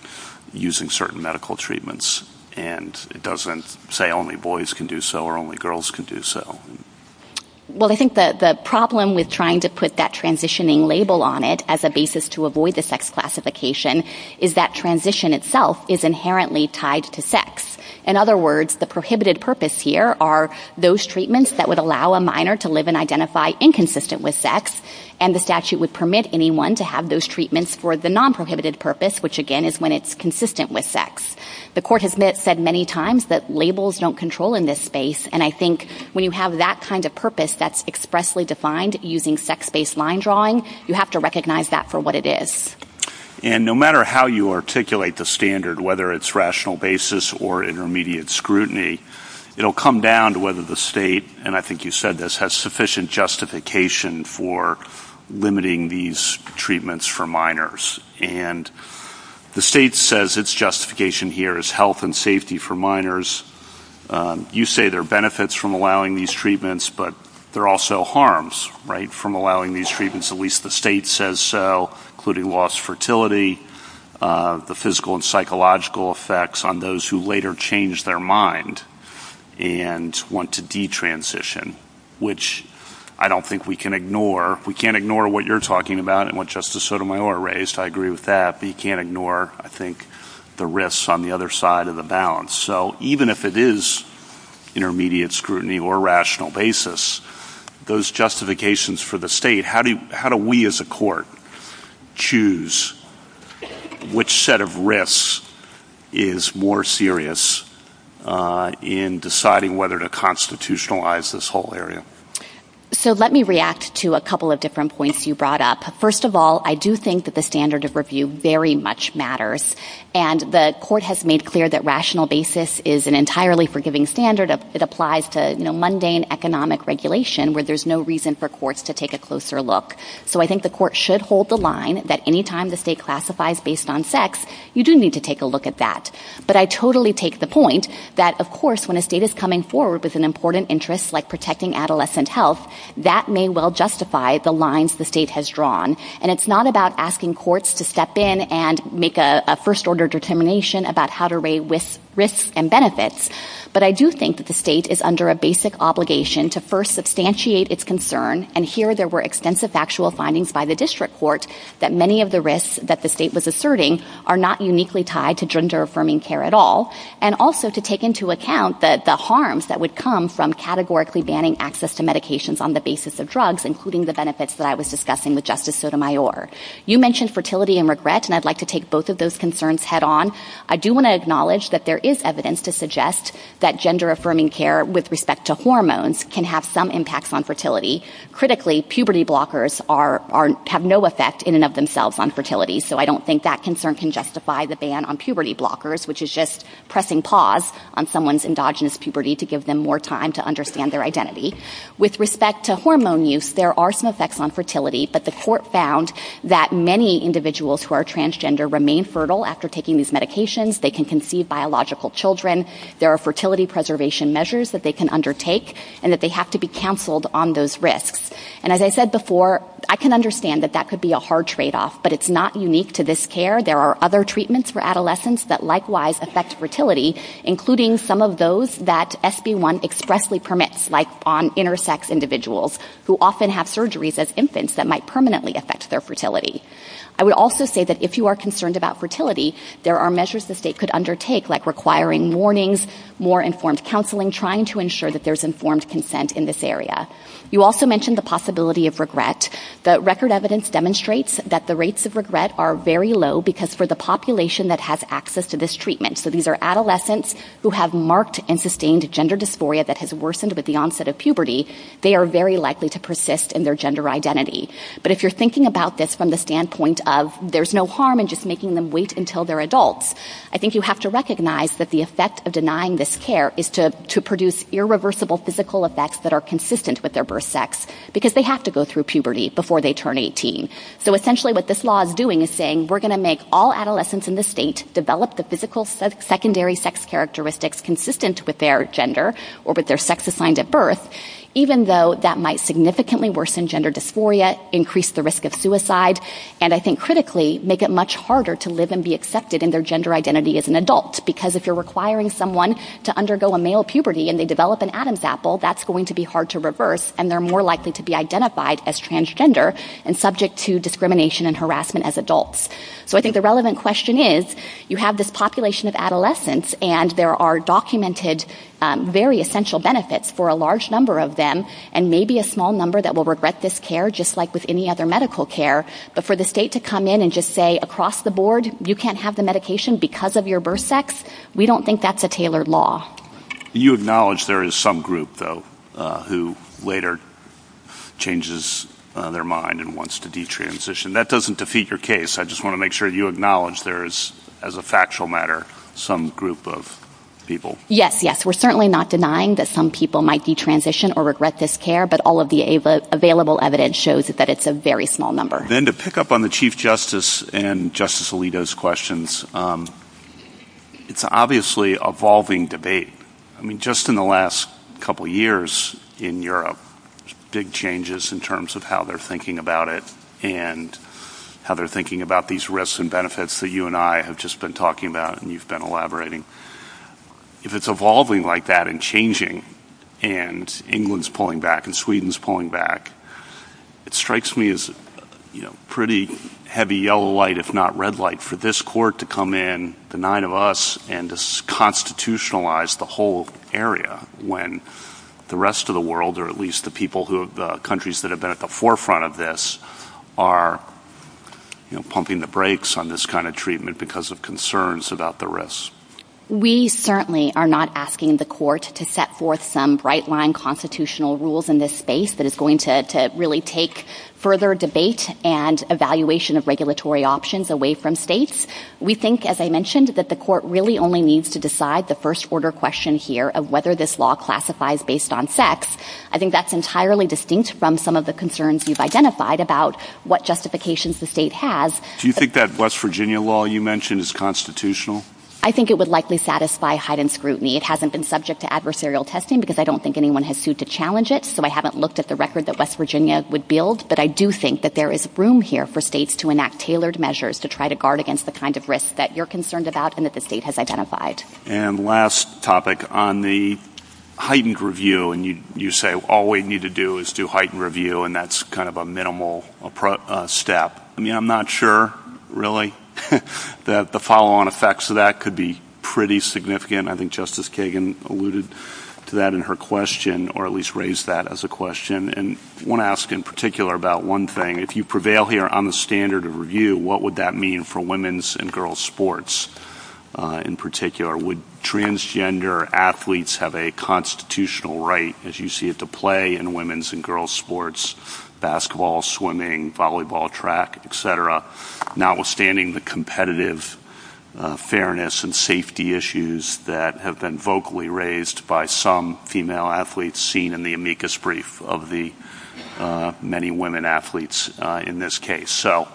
using certain medical treatments, and it doesn't say only boys can do so, or only girls can do so. Well, I think that the problem with trying to put that transitioning label on it as a basis to avoid the sex classification is that transition itself is inherently tied to sex. In other words, the prohibited purpose here are those treatments that would allow a minor to live and identify inconsistent with sex, and the statute would permit anyone to have those treatments for the non-prohibited purpose, which, again, is when it's consistent with sex. The court has said many times that labels don't control in this space, and I think when you have that kind of purpose that's expressly defined using sex-based line drawing, you have to recognize that for what it is. And no matter how you articulate the standard, whether it's rational basis or intermediate scrutiny, it'll come down to whether the state, and I think you said this, has sufficient justification for limiting these treatments for minors, and the state says its justification here is health and safety for minors. You say there are benefits from allowing these treatments, but there are also harms, right, from allowing these treatments, at least the state says so, including lost fertility, the physical and psychological effects on those who later change their mind and want to detransition, which I don't think we can ignore. We can't ignore what you're talking about and what Justice Sotomayor raised, I agree with that, but you can't ignore, I think, the risks on the other side of the balance. So even if it is intermediate scrutiny or rational basis, those justifications for the state, how do we as a court choose which set of risks is more serious in deciding whether to constitutionalize this whole area? So let me react to a couple of different points you brought up. First of all, I do think that the standard of review very much matters, and the court has made clear that rational basis is an entirely forgiving standard. It applies to mundane economic regulation where there's no reason for courts to take a closer look. So I think the court should hold the line that any time the state classifies based on sex, you do need to take a look at that. But I totally take the point that, of course, when a state is coming forward with an important interest like protecting adolescent health, that may well justify the lines the state has drawn. And it's not about asking courts to step in and make a first order determination about how to weigh risks and benefits. But I do think that the state is under a basic obligation to first substantiate its concern, and here there were extensive factual findings by the district court that many of the risks that the state was asserting are not uniquely tied to gender-affirming care at all, and also to take into account the harms that would come from categorically banning access to medications on the basis of drugs, including the benefits that I was discussing with Justice Sotomayor. You mentioned fertility and regret, and I'd like to take both of those concerns head on. I do want to acknowledge that there is evidence to suggest that gender-affirming care with respect to hormones can have some impacts on fertility. Critically, puberty blockers have no effect in and of themselves on fertility, so I don't think that concern can justify the ban on puberty blockers, which is just pressing pause on someone's endogenous puberty to give them more time to understand their identity. With respect to hormone use, there are some effects on fertility, but the court found that many individuals who are transgender remain fertile after taking these medications, they can conceive biological children, there are fertility preservation measures that they can undertake, and that they have to be counseled on those risks. And as I said before, I can understand that that could be a hard tradeoff, but it's not unique to this care. There are other treatments for adolescents that likewise affect fertility, including some of those that SB1 expressly permits, like on intersex individuals who often have surgeries as infants that might permanently affect their fertility. I would also say that if you are concerned about fertility, there are measures the state could undertake, like requiring warnings, more informed counseling, trying to ensure that there's informed consent in this area. You also mentioned the possibility of regret. The record evidence demonstrates that the rates of regret are very low because for the population that has access to this treatment, so these are adolescents who have marked and sustained gender dysphoria that has worsened with the onset of puberty, they are very likely to persist in their gender identity. But if you're thinking about this from the standpoint of there's no harm in just making them wait until they're adults, I think you have to recognize that the effect of denying this care is to produce irreversible physical effects that are consistent with their birth sex because they have to go through puberty before they turn 18. So essentially what this law is doing is saying we're going to make all adolescents in the state develop the physical secondary sex characteristics consistent with their gender or with their sex assigned at birth, even though that might significantly worsen gender dysphoria, increase the risk of suicide, and I think critically make it much harder to live and be accepted in their gender identity as an adult because if you're requiring someone to undergo a male puberty and they develop an Adam's apple, that's going to be hard to reverse and they're more likely to be identified as transgender and subject to discrimination and harassment as adults. So I think the relevant question is you have this population of adolescents and there are documented very essential benefits for a large number of them and maybe a small number that will regret this care just like with any other medical care, but for the state to come in and just say across the board you can't have the medication because of your birth sex, we don't think that's a tailored law. You acknowledge there is some group, though, who later changes their mind and wants to detransition. That doesn't defeat your case. I just want to make sure you acknowledge there is, as a factual matter, some group of people. Yes, yes. We're certainly not denying that some people might detransition or regret this care, but all of the available evidence shows that it's a very small number. Then to pick up on the Chief Justice and Justice Alito's questions, it's obviously evolving debate. I mean, just in the last couple years in Europe, big changes in terms of how they're thinking about it and how they're thinking about these risks and benefits that you and I have just been talking about and you've been elaborating. If it's evolving like that and changing and England's pulling back and Sweden's pulling back, it strikes me as pretty heavy yellow light, if not red light, for this court to come in, the nine of us, and to constitutionalize the whole area when the rest of the world, or at least the countries that have been at the forefront of this, are pumping the brakes on this kind of treatment because of concerns about the risks. We certainly are not asking the court to set forth some bright line constitutional rules in this space that is going to really take further debate and evaluation of regulatory options away from states. We think, as I mentioned, that the court really only needs to decide the first order question here of whether this law classifies based on sex. I think that's entirely distinct from some of the concerns we've identified about what justifications the state has. Do you think that West Virginia law you mentioned is constitutional? I think it would likely satisfy heightened scrutiny. It hasn't been subject to adversarial testing because I don't think anyone has sued to challenge it, so I haven't looked at the record that West Virginia would build, but I do think that there is room here for states to enact tailored measures to try to guard against the kind of risks that you're concerned about and that the state has identified. And last topic, on the heightened review, and you say all we need to do is do heightened review and that's kind of a minimal step. I'm not sure, really, that the follow-on effects of that could be pretty significant. I think Justice Kagan alluded to that in her question, or at least raised that as a question. And I want to ask in particular about one thing. If you prevail here on the standard of review, what would that mean for women's and girls' sports in particular? Would transgender athletes have a constitutional right, as you see it, to play in women's and girls' sports, basketball, swimming, volleyball, track, et cetera, notwithstanding the competitive fairness and safety issues that have been vocally raised by some female athletes seen in the amicus brief of the many women athletes in this case? So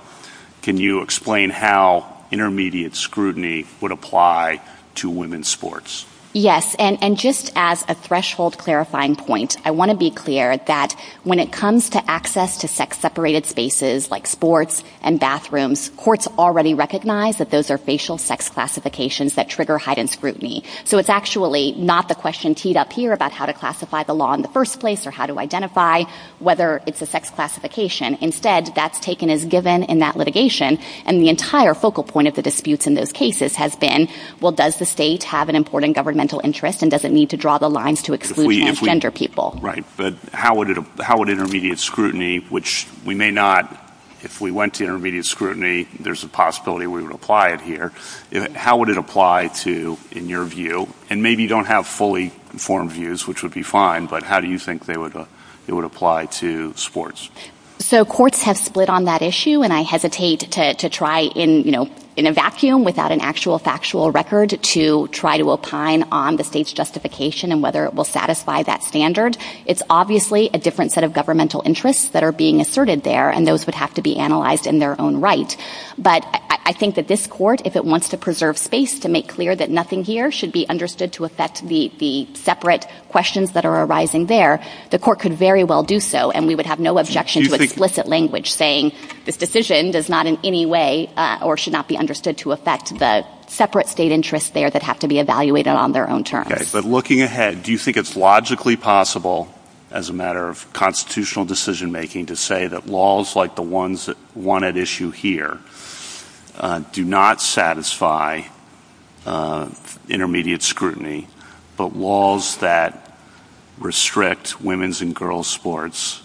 can you explain how intermediate scrutiny would apply to women's sports? Yes, and just as a threshold clarifying point, I want to be clear that when it comes to access to sex-separated spaces like sports and bathrooms, courts already recognize that those are facial sex classifications that trigger heightened scrutiny. So it's actually not the question teed up here about how to classify the law in the first place or how to identify whether it's a sex classification. Instead, that's taken as given in that litigation. And the entire focal point of the disputes in those cases has been, well, does the state have an important governmental interest and does it need to draw the lines to exclude transgender people? Right, but how would intermediate scrutiny, which we may not, if we went to intermediate scrutiny, there's a possibility we would apply it here. How would it apply to, in your view, and maybe you don't have fully informed views, which would be fine, but how do you think it would apply to sports? So courts have split on that issue, and I hesitate to try in a vacuum without an actual record to try to opine on the state's justification and whether it will satisfy that standard. It's obviously a different set of governmental interests that are being asserted there, and those would have to be analyzed in their own right. But I think that this court, if it wants to preserve space to make clear that nothing here should be understood to affect the separate questions that are arising there, the court could very well do so, and we would have no objection to explicit language saying this decision does not in any way or should not be understood to affect the separate state interests there that have to be evaluated on their own terms. Okay, but looking ahead, do you think it's logically possible as a matter of constitutional decision making to say that laws like the one at issue here do not satisfy intermediate scrutiny, but laws that restrict women's and girls' sports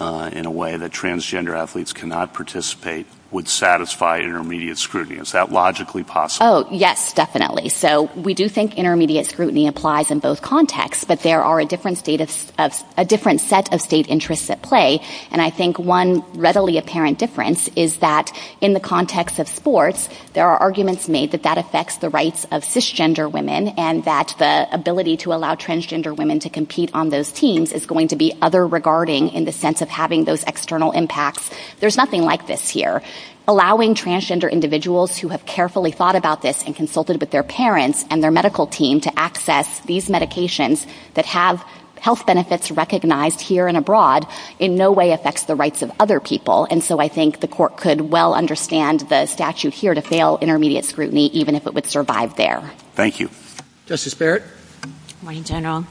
in a way that transgender athletes cannot participate would satisfy intermediate scrutiny? Is that logically possible? Oh, yes, definitely. So we do think intermediate scrutiny applies in both contexts, but there are a different set of state interests at play, and I think one readily apparent difference is that in the context of sports, there are arguments made that that affects the rights of cisgender women and that the ability to allow transgender women to compete on those teams is going to be other-regarding in the sense of having those external impacts. There's nothing like this here. Allowing transgender individuals who have carefully thought about this and consulted with their parents and their medical team to access these medications that have health benefits recognized here and abroad in no way affects the rights of other people, and so I think the court could well understand the statute here to fail intermediate scrutiny even if it would survive there. Thank you. Justice Barrett? Morning, General.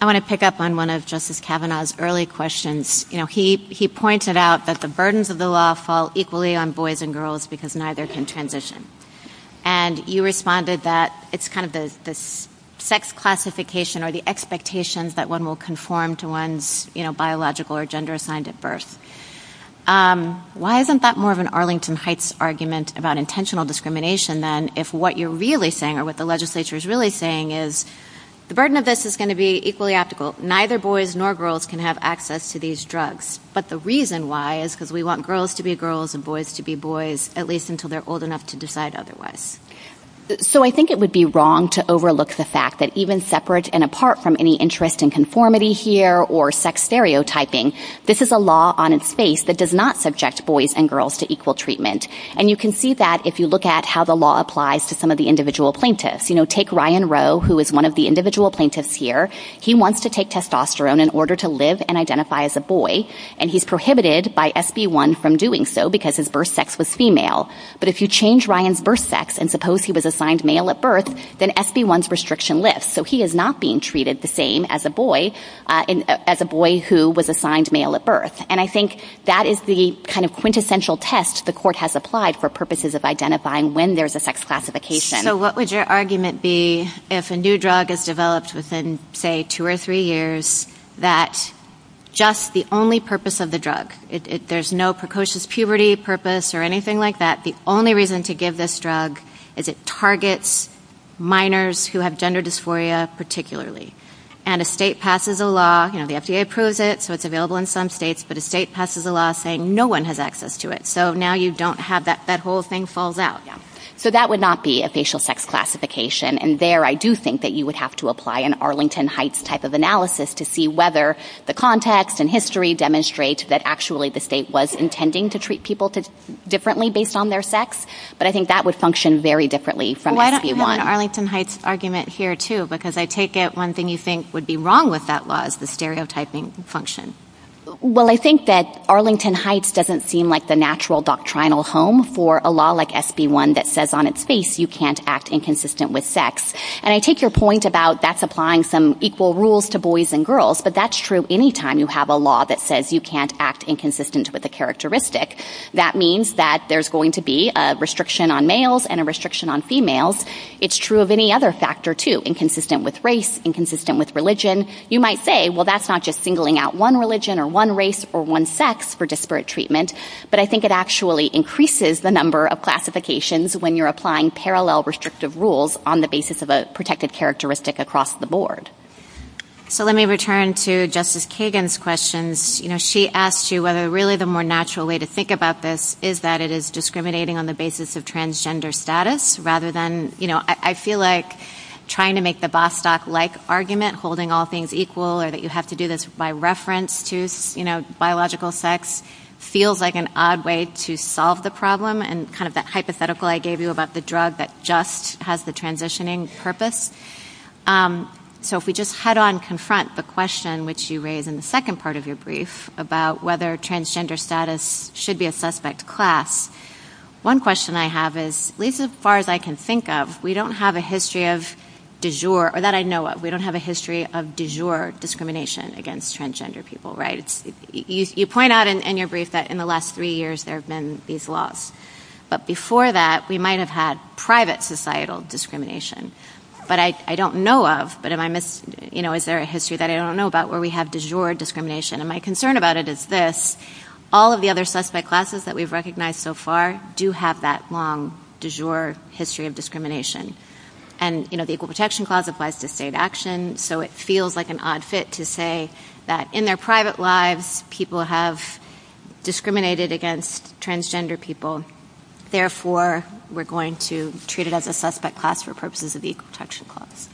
I want to pick up on one of Justice Kavanaugh's early questions. He pointed out that the burdens of the law fall equally on boys and girls because neither can transition, and you responded that it's kind of this sex classification or the expectations that one will conform to one's biological or gender assigned at birth. Why isn't that more of an Arlington Heights argument about intentional discrimination than if what you're really saying or what the legislature is really saying is the burden of this is going to be equally applicable. Neither boys nor girls can have access to these drugs, but the reason why is because we want girls to be girls and boys to be boys, at least until they're old enough to decide otherwise. So I think it would be wrong to overlook the fact that even separate and apart from any interest in conformity here or sex stereotyping, this is a law on its face that does not subject boys and girls to equal treatment, and you can see that if you look at how the law applies to some of the individual plaintiffs. Take Ryan Rowe, who is one of the individual plaintiffs here. He wants to take testosterone in order to live and identify as a boy, and he's prohibited by SB1 from doing so because his birth sex was female. But if you change Ryan's birth sex and suppose he was assigned male at birth, then SB1's restriction lifts. So he is not being treated the same as a boy who was assigned male at birth, and I think that is the kind of quintessential test the court has applied for purposes of identifying when there's a sex classification. So what would your argument be if a new drug is developed within, say, two or three years that just the only purpose of the drug, if there's no precocious puberty purpose or anything like that, the only reason to give this drug is it targets minors who have gender dysphoria particularly, and a state passes a law, you know, the FDA approves it, so it's available in some states, but a state passes a law saying no one has access to it. So now you don't have that whole thing falls out. So that would not be a facial sex classification, and there I do think that you would have to apply an Arlington Heights type of analysis to see whether the context and history demonstrate that actually the state was intending to treat people differently based on their sex, but I think that would function very differently from SB1. Well, I don't have an Arlington Heights argument here, too, because I take it one thing you think would be wrong with that law is the stereotyping function. Well, I think that Arlington Heights doesn't seem like the natural doctrinal home for a drug that says on its face you can't act inconsistent with sex, and I take your point about that's applying some equal rules to boys and girls, but that's true any time you have a law that says you can't act inconsistent with a characteristic. That means that there's going to be a restriction on males and a restriction on females. It's true of any other factor, too, inconsistent with race, inconsistent with religion. You might say, well, that's not just singling out one religion or one race or one sex for disparate treatment, but I think it actually increases the number of classifications when you're applying parallel restrictive rules on the basis of a protected characteristic across the board. So let me return to Justice Kagan's questions. You know, she asked you whether really the more natural way to think about this is that it is discriminating on the basis of transgender status rather than, you know, I feel like trying to make the Bostock-like argument, holding all things equal, or that you have to do this by reference to, you know, biological sex feels like an odd way to solve the problem and kind of that hypothetical I gave you about the drug that just has the transitioning purpose. So if we just head on, confront the question which you raised in the second part of your brief about whether transgender status should be a suspect class, one question I have is, at least as far as I can think of, we don't have a history of du jour, or that I know of, we don't have a history of du jour discrimination against transgender people, right? You point out in your brief that in the last three years there have been these laws, but before that we might have had private societal discrimination. But I don't know of, but am I, you know, is there a history that I don't know about where we have du jour discrimination? And my concern about it is this, all of the other suspect classes that we've recognized so far do have that long du jour history of discrimination. And, you know, the Equal Protection Clause applies to state action, so it feels like an odd fit to say that in their private lives people have discriminated against transgender people, therefore we're going to treat it as a suspect class for purposes of the Equal Protection Clause.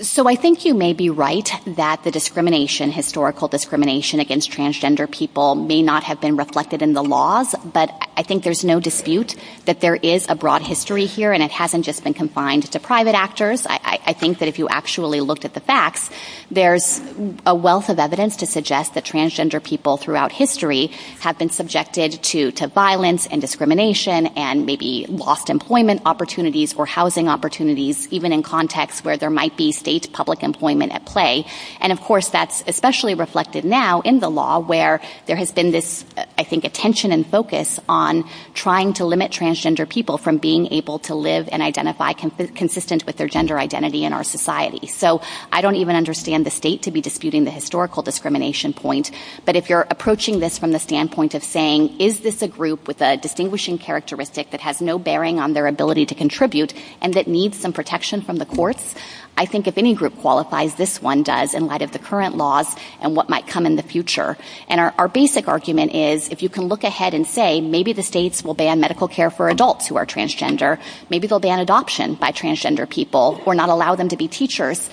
So I think you may be right that the discrimination, historical discrimination against transgender people may not have been reflected in the laws, but I think there's no dispute that there is a broad history here and it hasn't just been confined to private actors. I think that if you actually look at the facts, there's a wealth of evidence to suggest that transgender people throughout history have been subjected to violence and discrimination and maybe lost employment opportunities or housing opportunities, even in contexts where there might be state public employment at play. And of course that's especially reflected now in the law where there has been this, I think, attention and focus on trying to limit transgender people from being able to live and identify consistent with their gender identity in our society. So I don't even understand the state to be disputing the historical discrimination point, but if you're approaching this from the standpoint of saying is this a group with a distinguishing characteristic that has no bearing on their ability to contribute and that needs some protection from the courts, I think if any group qualifies, this one does in light of the current laws and what might come in the future. And our basic argument is if you can look ahead and say maybe the states will ban medical care for adults who are transgender, maybe they'll ban adoption by transgender people or not allow them to be teachers,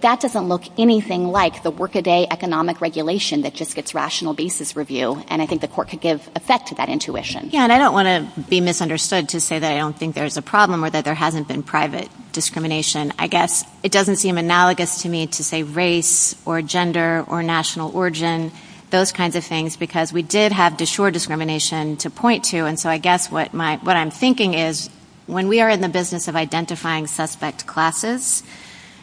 that doesn't look anything like the work a day economic regulation that just gets rational basis review. And I think the court could give effect to that intuition. Yeah, and I don't want to be misunderstood to say that I don't think there's a problem or that there hasn't been private discrimination. I guess it doesn't seem analogous to me to say race or gender or national origin. Those kinds of things because we did have to shore discrimination to point to. And so I guess what I'm thinking is when we are in the business of identifying suspect classes,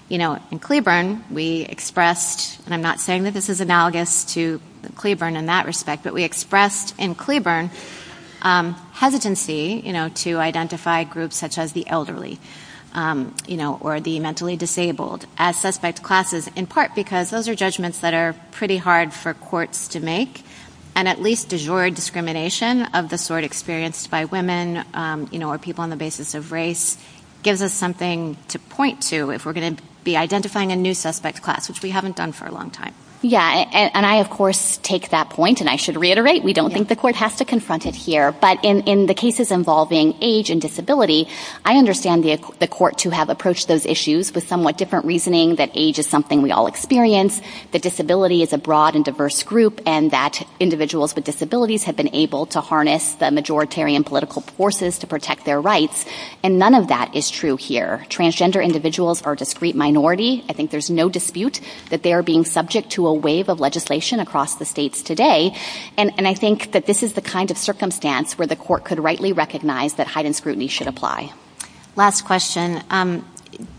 you know, in Cleburne we expressed, and I'm not saying that this is analogous to Cleburne in that respect, but we expressed in Cleburne hesitancy, you know, to identify groups such as the elderly, you know, or the mentally disabled as suspect classes in part because those are judgments that are pretty hard for courts to make. And at least disordered discrimination of the sort experienced by women, you know, or people on the basis of race gives us something to point to if we're going to be identifying a new suspect class, which we haven't done for a long time. Yeah, and I, of course, take that point. And I should reiterate, we don't think the court has to confront it here. But in the cases involving age and disability, I understand the court to have approached those issues with somewhat different reasoning that age is something we all experience, that disability is a broad and diverse group, and that individuals with disabilities have been able to harness the majoritarian political forces to protect their rights. And none of that is true here. Transgender individuals are a discrete minority. I think there's no dispute that they are being subject to a wave of legislation across the states today. And I think that this is the kind of circumstance where the court could rightly recognize that heightened scrutiny should apply. Last question.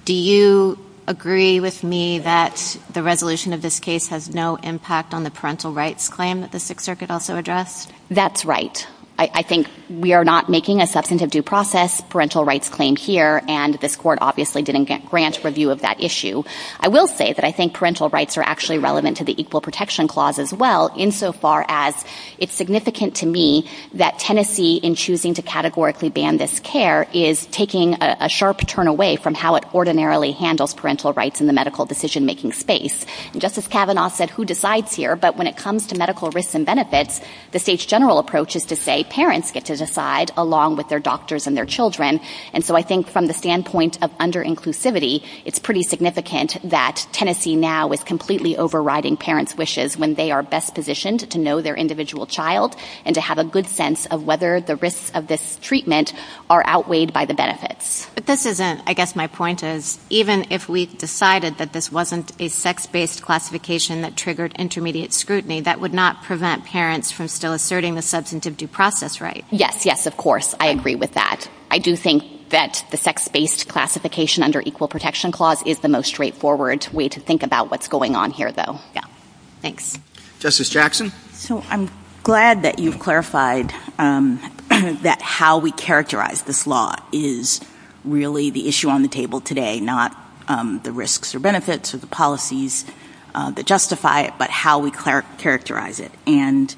Do you agree with me that the resolution of this case has no impact on the parental rights claim that the Sixth Circuit also addressed? That's right. I think we are not making a substantive due process parental rights claim here, and this court obviously didn't get grant review of that issue. I will say that I think parental rights are actually relevant to the Equal Protection Clause as well, insofar as it's significant to me that Tennessee, in choosing to categorically ban this care, is taking a sharp turn away from how it ordinarily handles parental rights in the medical decision-making space. And Justice Kavanaugh said, who decides here? But when it comes to medical risks and benefits, the state's general approach is to say parents get to decide, along with their doctors and their children. And so I think from the standpoint of under-inclusivity, it's pretty significant that Tennessee now is completely overriding parents' wishes when they are best positioned to know their and to have a good sense of whether the risks of this treatment are outweighed by the benefits. But this isn't, I guess my point is, even if we decided that this wasn't a sex-based classification that triggered intermediate scrutiny, that would not prevent parents from still asserting the substantive due process rights. Yes, yes, of course. I agree with that. I do think that the sex-based classification under Equal Protection Clause is the most straightforward way to think about what's going on here, though. Yeah. Thanks. Justice Jackson? So I'm glad that you've clarified that how we characterize this law is really the issue on the table today, not the risks or benefits or the policies that justify it, but how we characterize it. And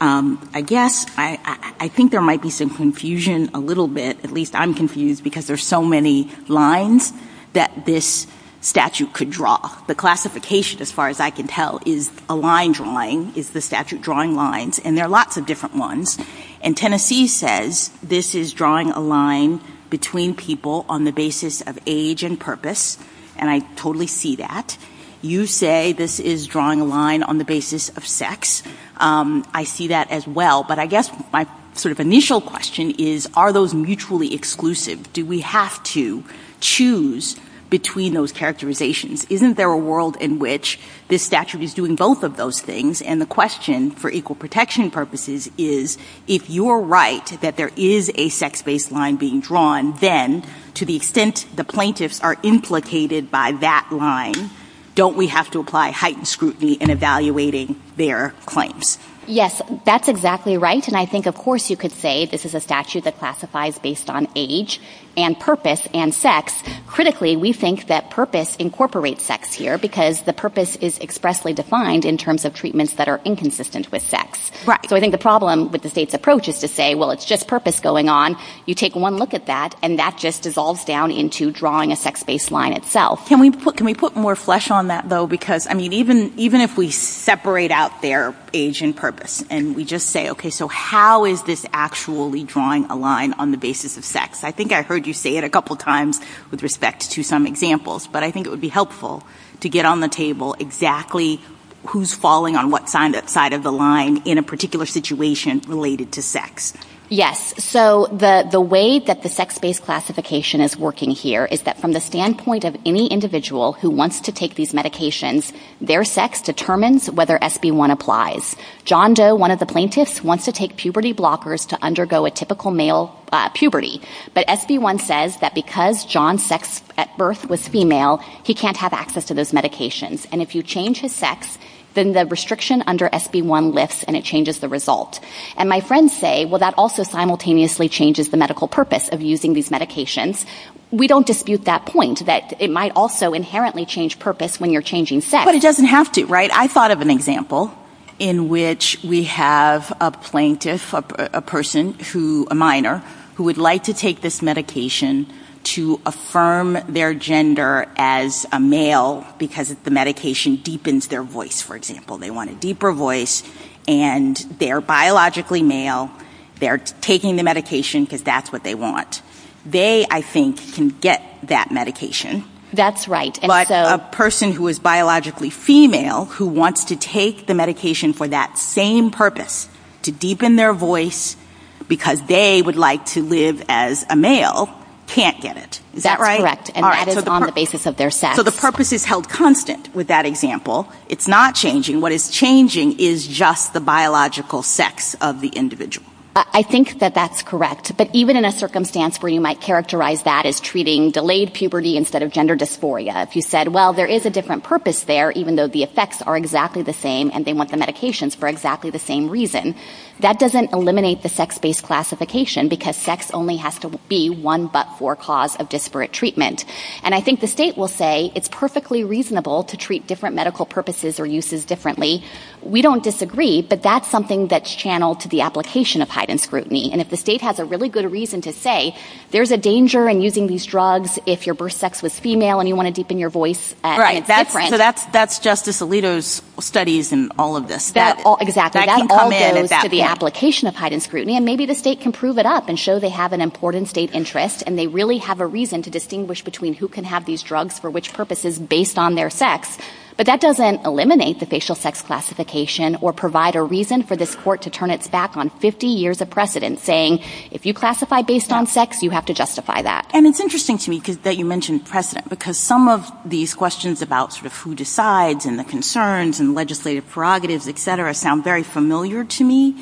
I guess I think there might be some confusion a little bit. At least I'm confused, because there's so many lines that this statute could draw. The classification, as far as I can tell, is a line drawing, is the statute drawing lines. And there are lots of different ones. And Tennessee says this is drawing a line between people on the basis of age and purpose. And I totally see that. You say this is drawing a line on the basis of sex. I see that as well. But I guess my sort of initial question is, are those mutually exclusive? Do we have to choose between those characterizations? Isn't there a world in which this statute is doing both of those things? And the question, for equal protection purposes, is if you're right that there is a sex-based line being drawn, then to the extent the plaintiffs are implicated by that line, don't we have to apply heightened scrutiny in evaluating their claims? Yes, that's exactly right. And I think, of course, you could say this is a statute that classifies based on age and purpose and sex. Critically, we think that purpose incorporates sex here, because the purpose is expressly defined in terms of treatments that are inconsistent with sex. Right. So I think the problem with the safe approach is to say, well, it's just purpose going on. You take one look at that, and that just dissolves down into drawing a sex-based line itself. Can we put more flesh on that, though? Because, I mean, even if we separate out their age and purpose, and we just say, OK, so how is this actually drawing a line on the basis of sex? I think I heard you say it a couple times with respect to some examples, but I think it would be helpful to get on the table exactly who's falling on what side of the line in a particular situation related to sex. Yes. So the way that the sex-based classification is working here is that from the standpoint of any individual who wants to take these medications, their sex determines whether SB1 applies. John Doe, one of the plaintiffs, wants to take puberty blockers to undergo a typical puberty. But SB1 says that because John's sex at birth was female, he can't have access to those medications. And if you change his sex, then the restriction under SB1 lifts, and it changes the result. And my friends say, well, that also simultaneously changes the medical purpose of using these medications. We don't dispute that point, that it might also inherently change purpose when you're changing sex. But it doesn't have to, right? I thought of an example in which we have a plaintiff, a person, a minor, who would like to take this medication to affirm their gender as a male because the medication deepens their voice, for example. They want a deeper voice, and they're biologically male. They're taking the medication because that's what they want. They, I think, can get that medication. That's right. But a person who is biologically female, who wants to take the medication for that same purpose, to deepen their voice because they would like to live as a male, can't get it. Is that right? Correct. And that is on the basis of their sex. So the purpose is held constant with that example. It's not changing. What is changing is just the biological sex of the individual. I think that that's correct. But even in a circumstance where you might characterize that as treating delayed puberty instead of gender dysphoria, if you said, well, there is a different purpose there, even though the effects are exactly the same, and they want the medications for exactly the same reason, that doesn't eliminate the sex-based classification because sex only has to be one but-for cause of disparate treatment. And I think the state will say it's perfectly reasonable to treat different medical purposes or uses differently. We don't disagree, but that's something that's channeled to the application of heightened scrutiny. And if the state has a really good reason to say there's a danger in using these drugs if your birth sex was female and you want to deepen your voice, and it's different. So that's Justice Alito's studies in all of this. Exactly. That can come in at that point. To the application of heightened scrutiny. And maybe the state can prove it up and show they have an important state interest, and they really have a reason to distinguish between who can have these drugs for which purposes based on their sex. But that doesn't eliminate the facial sex classification or provide a reason for this court to turn its back on 50 years of precedent saying, if you classify based on sex, you have to justify that. And it's interesting to me that you mentioned precedent, because some of these questions about sort of who decides and the concerns and legislative prerogatives, et cetera, sound very familiar to me.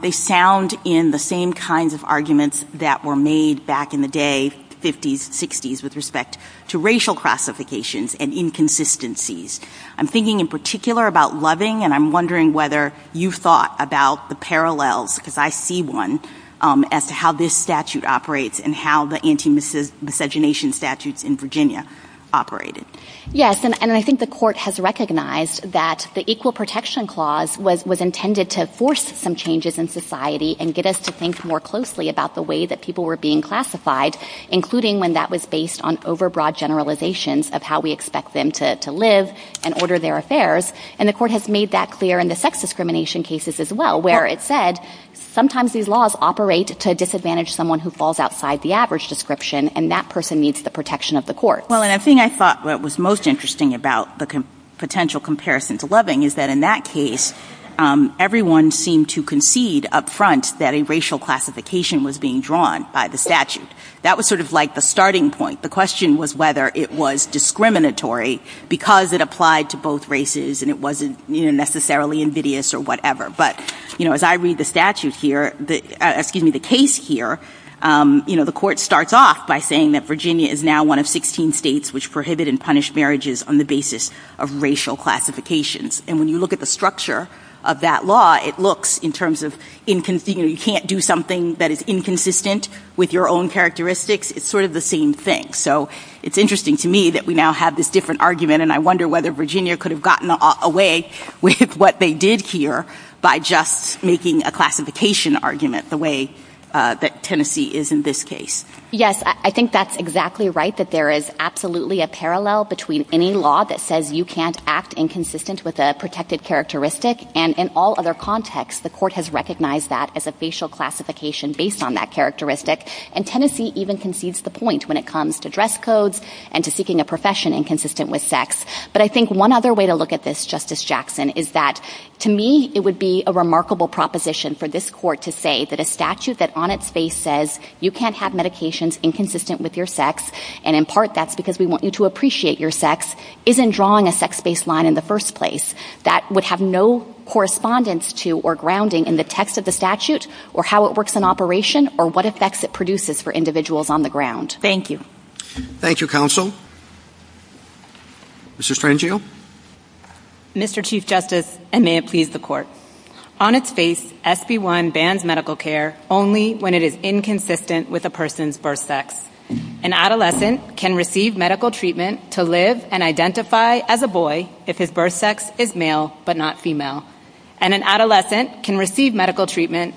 They sound in the same kinds of arguments that were made back in the day, 50s, 60s, with respect to racial classifications and inconsistencies. I'm thinking in particular about loving, and I'm wondering whether you thought about the parallels, because I see one, as to how this statute operates and how the anti-miscegenation statutes in Virginia operated. Yes, and I think the court has recognized that the Equal Protection Clause was intended to force some changes in society and get us to think more closely about the way that people were being classified, including when that was based on overbroad generalizations of how we expect them to live and order their affairs. And the court has made that clear in the sex discrimination cases as well, where it said sometimes these laws operate to disadvantage someone who falls outside the average description, and that person needs the protection of the court. Well, and I think I thought what was most interesting about the potential comparison to loving is that in that case, everyone seemed to concede up front that a racial classification was being drawn by the statute. That was sort of like the starting point. The question was whether it was discriminatory because it applied to both races and it wasn't necessarily invidious or whatever. But as I read the statute here, excuse me, the case here, the court starts off by saying that Virginia is now one of 16 states which prohibit and punish marriages on the basis of racial classifications. And when you look at the structure of that law, it looks in terms of you can't do something that is inconsistent with your own characteristics. It's sort of the same thing. So it's interesting to me that we now have this different argument, and I wonder whether Virginia could have gotten away with what they did here by just making a classification argument the way that Tennessee is in this case. Yes, I think that's exactly right, that there is absolutely a parallel between any law that says you can't act inconsistent with a protected characteristic, and in all other contexts, the court has recognized that as a facial classification based on that characteristic. And Tennessee even concedes the point when it comes to dress codes and to seeking a profession inconsistent with sex. But I think one other way to look at this, Justice Jackson, is that to me it would be a remarkable proposition for this court to say that a statute that on its face says you can't have medications inconsistent with your sex, and in part that's because we want you to appreciate your sex, isn't drawing a sex-based line in the first place. That would have no correspondence to or grounding in the text of the statute or how it works in operation or what effects it produces for individuals on the ground. Thank you. Thank you, counsel. Mr. Frangio? Mr. Chief Justice, and may it please the court, on its face SB1 bans medical care only when it is inconsistent with a person's birth sex. An adolescent can receive medical treatment to live and identify as a boy if his birth sex is male but not female. And an adolescent can receive medical treatment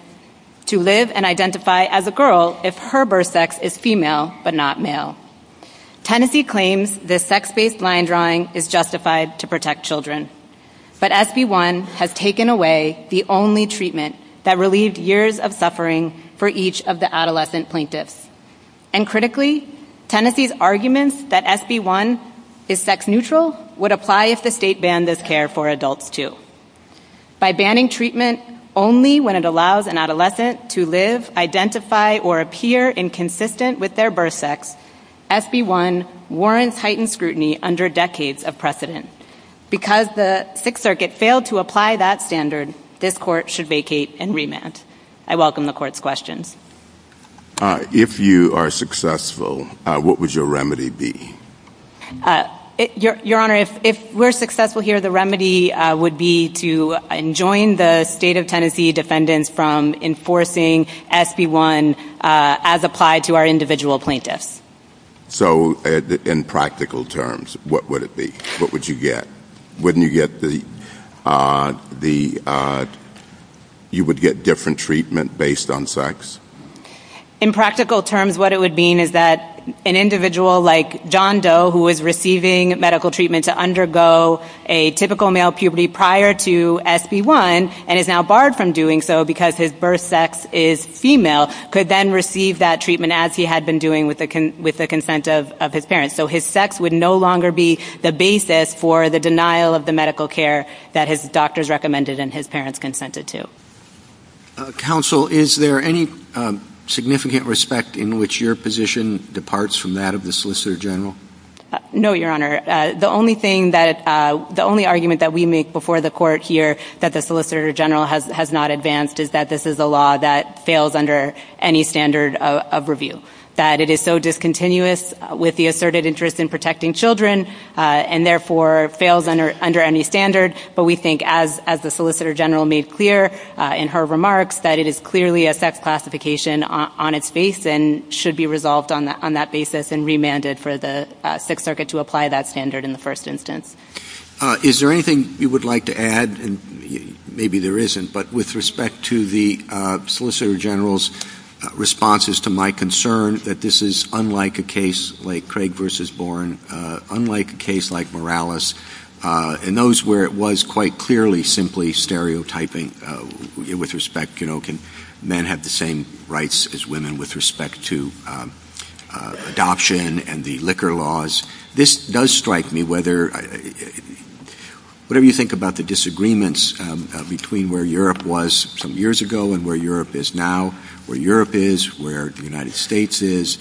to live and identify as a girl if her birth sex is female but not male. Tennessee claims this sex-based line drawing is justified to protect children. But SB1 has taken away the only treatment that relieved years of suffering for each of the adolescent plaintiffs. And critically, Tennessee's arguments that SB1 is sex-neutral would apply if the state banned this care for adults too. By banning treatment only when it allows an adolescent to live, identify, or appear inconsistent with their birth sex, SB1 warrants heightened scrutiny under decades of precedent. Because the Sixth Circuit failed to apply that standard, this court should vacate and I welcome the court's questions. If you are successful, what would your remedy be? Your Honor, if we're successful here, the remedy would be to enjoin the state of Tennessee defendants from enforcing SB1 as applied to our individual plaintiffs. So, in practical terms, what would it be? What would you get? Wouldn't you get the, you would get different treatment based on sex? In practical terms, what it would mean is that an individual like John Doe who was receiving medical treatment to undergo a typical male puberty prior to SB1 and is now barred from doing so because his birth sex is female could then receive that treatment as he had been doing with the consent of his parents. So, his sex would no longer be the basis for the denial of the medical care that his doctors recommended and his parents consented to. Counsel, is there any significant respect in which your position departs from that of the Solicitor General? No, Your Honor. The only thing that, the only argument that we make before the court here that the Solicitor General has not advanced is that this is a law that fails under any standard of review. That it is so discontinuous with the asserted interest in protecting children and therefore fails under any standard. But we think, as the Solicitor General made clear in her remarks, that it is clearly a sex classification on its face and should be resolved on that basis and remanded for the Sixth Circuit to apply that standard in the first instance. Is there anything you would like to add? Maybe there isn't, but with respect to the Solicitor General's responses to my concern that this is unlike a case like Craig v. Bourne, unlike a case like Morales, and those where it was quite clearly simply stereotyping with respect, you know, can men have the same rights as women with respect to adoption and the liquor laws? This does strike me whether, whatever you think about the disagreements between where Europe was some years ago and where Europe is now, where Europe is, where the United States is,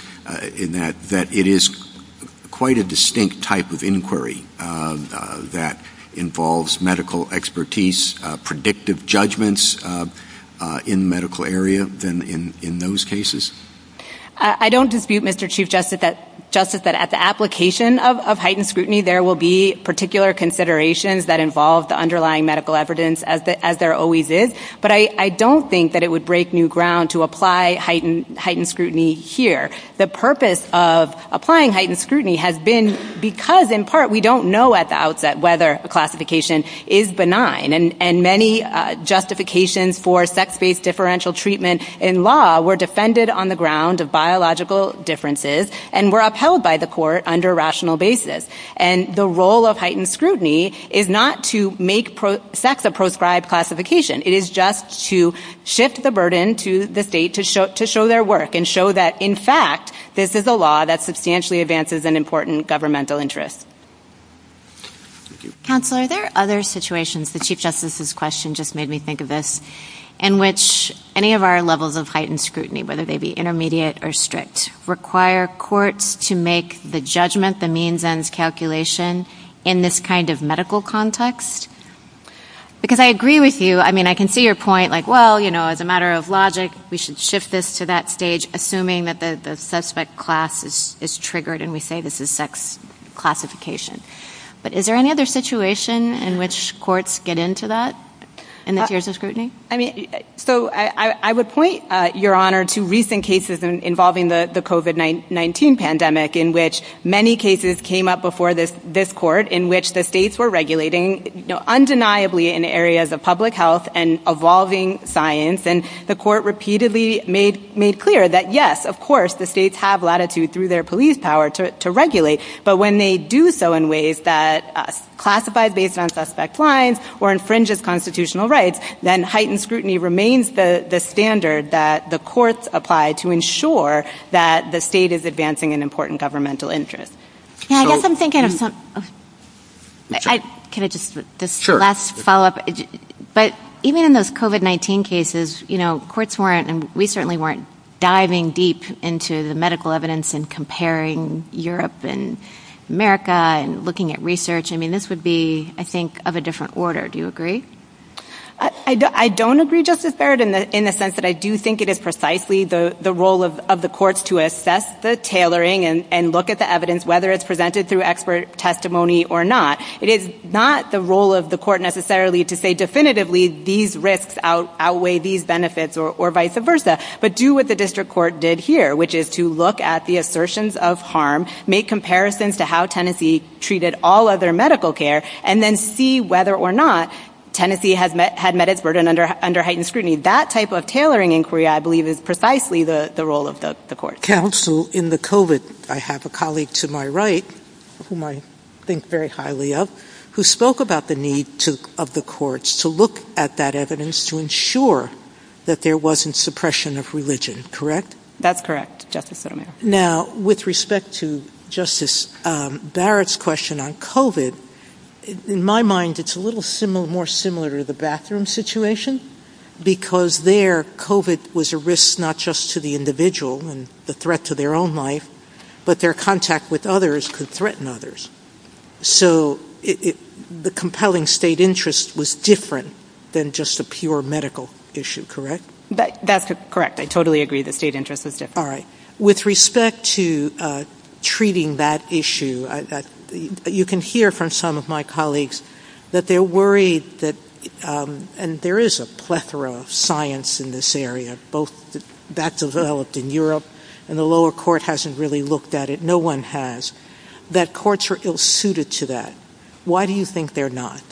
in that it is quite a distinct type of inquiry that involves medical expertise, predictive judgments in the medical area than in those cases. I don't dispute, Mr. Chief Justice, that at the application of heightened scrutiny, there will be particular considerations that involve the underlying medical evidence as there always is. But I don't think that it would break new ground to apply heightened scrutiny here. The purpose of applying heightened scrutiny has been because, in part, we don't know at the outset whether a classification is benign. And many justifications for sex-based differential treatment in law were defended on the ground of biological differences and were upheld by the court under rational basis. And the role of heightened scrutiny is not to make sex a proscribed classification. It is just to shift the burden to the state to show their work and show that, in fact, this is a law that substantially advances an important governmental interest. Counselor, are there other situations, the Chief Justice's question just made me think of this, in which any of our levels of heightened scrutiny, whether they be intermediate or strict, require courts to make the judgment, the means-ends calculation in this kind of medical context? Because I agree with you. I mean, I can see your point, like, well, you know, as a matter of logic, we should shift this to that stage, assuming that the suspect class is triggered and we say this is sex classification. But is there any other situation in which courts get into that in the case of scrutiny? I mean, so I would point, Your Honor, to recent cases involving the COVID-19 pandemic, in which many cases came up before this court in which the states were regulating undeniably in areas of public health and evolving science. And the court repeatedly made clear that, yes, of course, the states have latitude through their police power to regulate. But when they do so in ways that classify based on suspect lines or infringes constitutional rights, then heightened scrutiny remains the standard that the courts apply to ensure that the state is advancing an important governmental interest. Now, I guess I'm thinking of this last follow up. But even in those COVID-19 cases, you know, courts weren't and we certainly weren't diving deep into the medical evidence and comparing Europe and America and looking at research. I mean, this would be, I think, of a different order. Do you agree? I don't agree, Justice Barrett, in the sense that I do think it is precisely the role of the courts to assess the tailoring and look at the evidence, whether it's presented through expert testimony or not. It is not the role of the court necessarily to say definitively these risks outweigh these benefits or vice versa, but do what the district court did here, which is to look at the assertions of harm, make comparisons to how Tennessee treated all other medical care, and then see whether or not Tennessee had met its burden under heightened scrutiny. That type of tailoring inquiry, I believe, is precisely the role of the court. Counsel, in the COVID, I have a colleague to my right, whom I think very highly of, who spoke about the need of the courts to look at that evidence to ensure that there wasn't suppression of religion, correct? That's correct, Justice Sotomayor. Now, with respect to Justice Barrett's question on COVID, in my mind, it's a little more similar to the bathroom situation, because there, COVID was a risk not just to the individual and a threat to their own life, but their contact with others could threaten others. So the compelling state interest was different than just a pure medical issue, correct? That's correct. I totally agree the state interest is different. All right. With respect to treating that issue, you can hear from some of my colleagues that they're worried that, and there is a plethora of science in this area, both that developed in Europe and the lower court hasn't really looked at it, no one has, that courts are ill-suited to that. Why do you think they're not?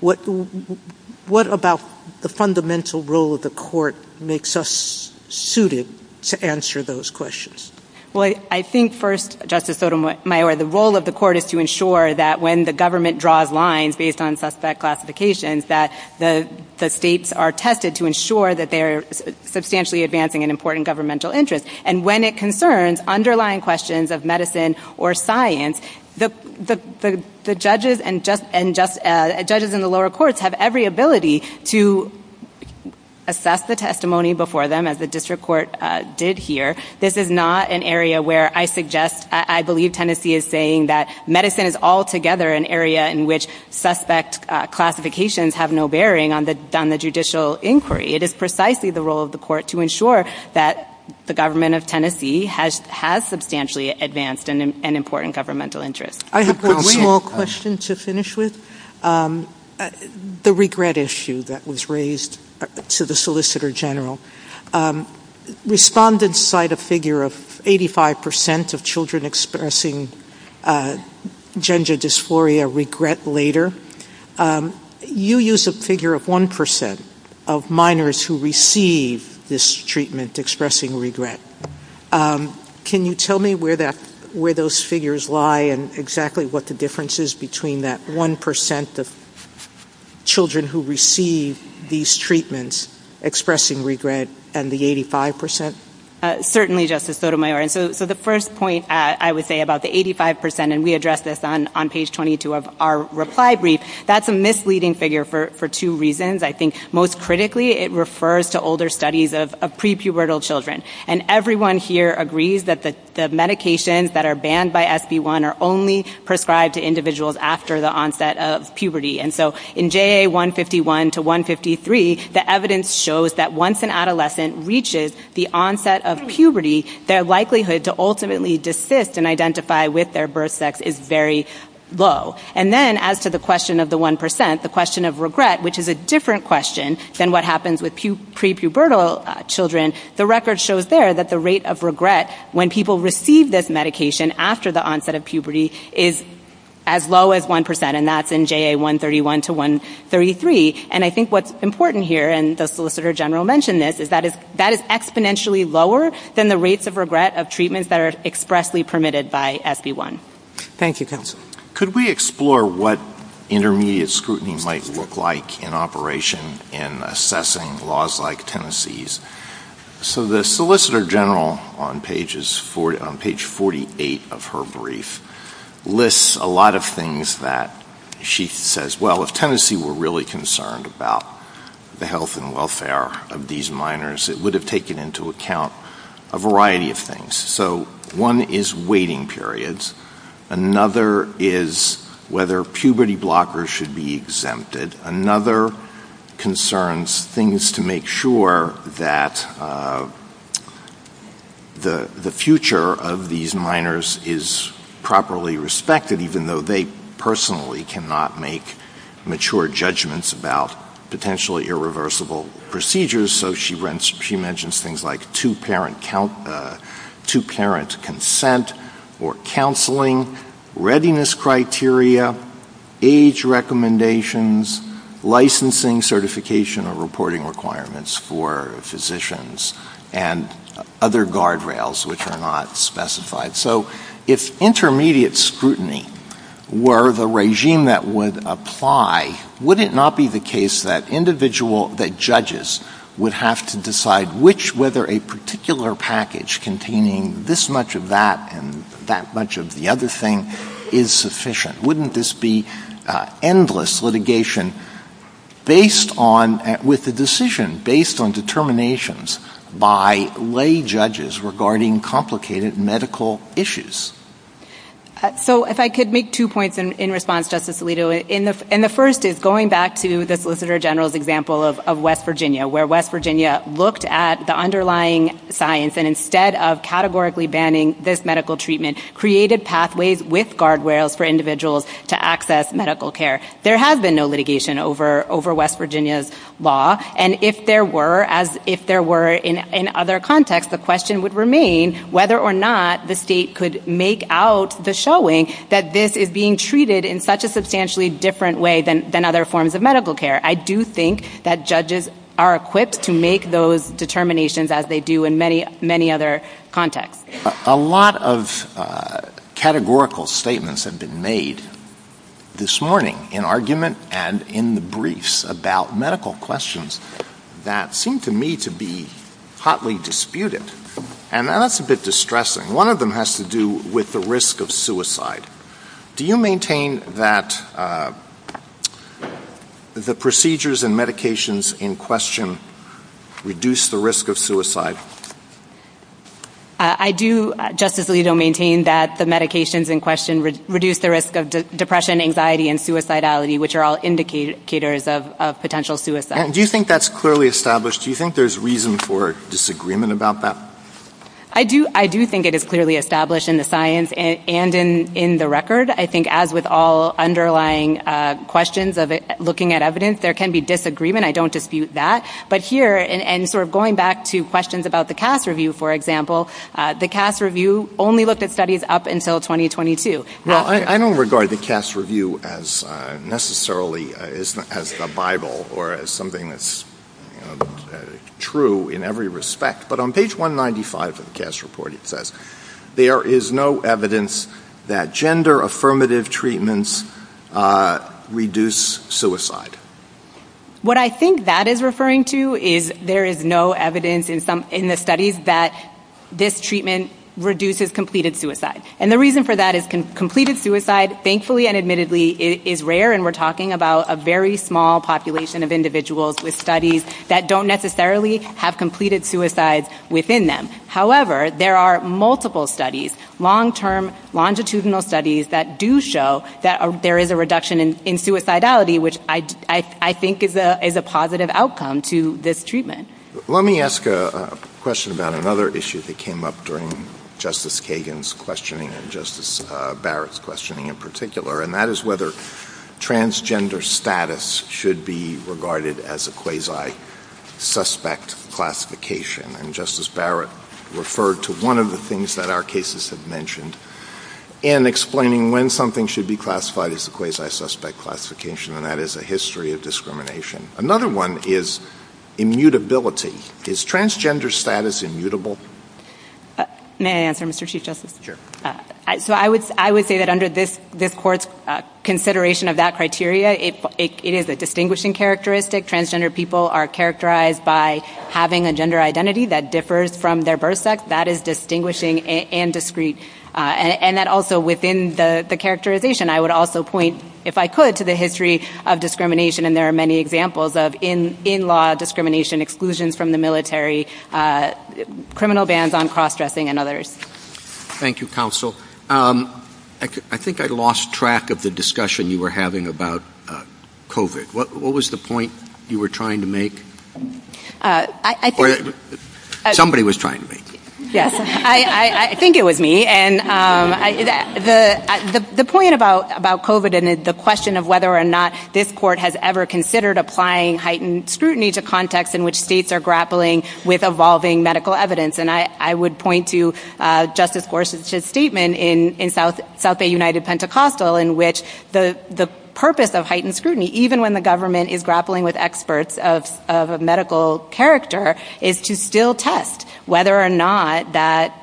What about the fundamental role of the court makes us suited to answer those questions? Well, I think first, Justice Sotomayor, the role of the court is to ensure that when the government draws lines based on suspect classifications, that the states are tested to ensure that they're substantially advancing an important governmental interest. And when it concerns underlying questions of medicine or science, the judges and the lower courts have every ability to assess the testimony before them, as the district court did here. This is not an area where I suggest, I believe Tennessee is saying that medicine is altogether an area in which suspect classifications have no bearing on the judicial inquiry. It is precisely the role of the court to ensure that the government of Tennessee has substantially advanced an important governmental interest. I have a small question to finish with. The regret issue that was raised to the Solicitor General, respondents cite a figure of 85% of children expressing gender dysphoria regret later. You use a figure of 1% of minors who receive this treatment expressing regret. Can you tell me where those figures lie and exactly what the difference is between that 1% of children who receive these treatments expressing regret and the 85%? Certainly, Justice Sotomayor. So the first point I would say about the 85%, and we addressed this on page 22 of our reply brief, that's a misleading figure for two reasons. I think most critically, it refers to older studies of prepubertal children. And everyone here agrees that the medications that are banned by SB1 are only prescribed to individuals after the onset of puberty. And so in JA 151 to 153, the evidence shows that once an adolescent reaches the onset of puberty, their likelihood to ultimately desist and identify with their birth sex is very low. And then as to the question of the 1%, the question of regret, which is a different question than what happens with prepubertal children, the record shows there that the rate of regret when people receive this medication after the onset of puberty is as low as 1%. And that's in JA 131 to 133. And I think what's important here, and the Solicitor General mentioned this, is that it's exponentially lower than the rates of regret of treatments that are expressly permitted by SB1. Thank you, Counsel. Could we explore what intermediate scrutiny might look like in operation in assessing laws like Tennessee's? So the Solicitor General on page 48 of her brief lists a lot of things that she says, well, if Tennessee were really concerned about the health and welfare of these minors, it would have taken into account a variety of things. So one is waiting periods. Another is whether puberty blockers should be exempted. Another concerns things to make sure that the future of these minors is properly respected, even though they personally cannot make mature judgments about potentially irreversible procedures. So she mentions things like two-parent consent or counseling, readiness criteria, age recommendations, licensing certification or reporting requirements for physicians, and other guardrails which are not specified. So if intermediate scrutiny were the regime that would apply, would it not be the case that judges would have to decide whether a particular package containing this much of that and that much of the other thing is sufficient? Wouldn't this be endless litigation with the decision based on determinations by lay judges regarding complicated medical issues? So if I could make two points in response, Justice Alito. And the first is going back to the Solicitor General's example of West Virginia, where West Virginia looked at the underlying science and instead of categorically banning this medical treatment, created pathways with guardrails for individuals to access medical care. There has been no litigation over West Virginia's law. And if there were, as if there were in other contexts, the question would remain whether or not the state could make out the showing that this is being treated in such a substantially different way than other forms of medical care. I do think that judges are equipped to make those determinations as they do in many other contexts. A lot of categorical statements have been made this morning in argument and in the briefs about medical questions that seem to me to be hotly disputed. And that's a bit distressing. One of them has to do with the risk of suicide. Do you maintain that the procedures and medications in question reduce the risk of suicide? I do, Justice Alito, maintain that the medications in question reduce the risk of depression, anxiety, and suicidality, which are all indicators of potential suicide. Do you think that's clearly established? Do you think there's reason for disagreement about that? I do. I do think it is clearly established in the science and in the record. I think as with all underlying questions of looking at evidence, there can be disagreement. I don't dispute that. But here, and sort of going back to questions about the CAST review, for example, the CAST review only looked at studies up until 2022. Well, I don't regard the CAST review as necessarily as a Bible or as something that's true in every respect. But on page 195 of the CAST report, it says there is no evidence that gender-affirmative treatments reduce suicide. What I think that is referring to is there is no evidence in the studies that this treatment reduces completed suicide. And the reason for that is completed suicide, thankfully and admittedly, is rare. And we're talking about a very small population of individuals with studies that don't necessarily have completed suicides within them. However, there are multiple studies, long-term longitudinal studies, that do show that there is a reduction in suicidality, which I think is a positive outcome to this treatment. Let me ask a question about another issue that came up during Justice Kagan's questioning and Justice Barrett's questioning in particular, and that is whether transgender status should be regarded as a quasi-suspect classification. And Justice Barrett referred to one of the things that our cases have mentioned in explaining when something should be classified as a quasi-suspect classification, and that is a history of discrimination. Another one is immutability. Is transgender status immutable? May I answer, Mr. Chief Justice? Sure. So I would say that under this Court's consideration of that criteria, it is a distinguishing characteristic. Transgender people are characterized by having a gender identity that differs from their birth sex. That is distinguishing and discrete. And that also within the characterization, I would also point, if I could, to the history of discrimination, and there are many examples of in-law discrimination, exclusions from the military, criminal bans on cross-dressing, and others. Thank you, counsel. I think I lost track of the discussion you were having about COVID. What was the point you were trying to make? Somebody was trying to make it. Yes. I think it was me, and the point about COVID and the question of whether or not this Court has ever considered applying heightened scrutiny to contexts in which states are grappling with evolving medical evidence, and I would point to Justice Gorsuch's statement in South Bay United Pentecostal, in which the purpose of heightened scrutiny, even when the government is grappling with experts of a medical character, is to still test whether or not that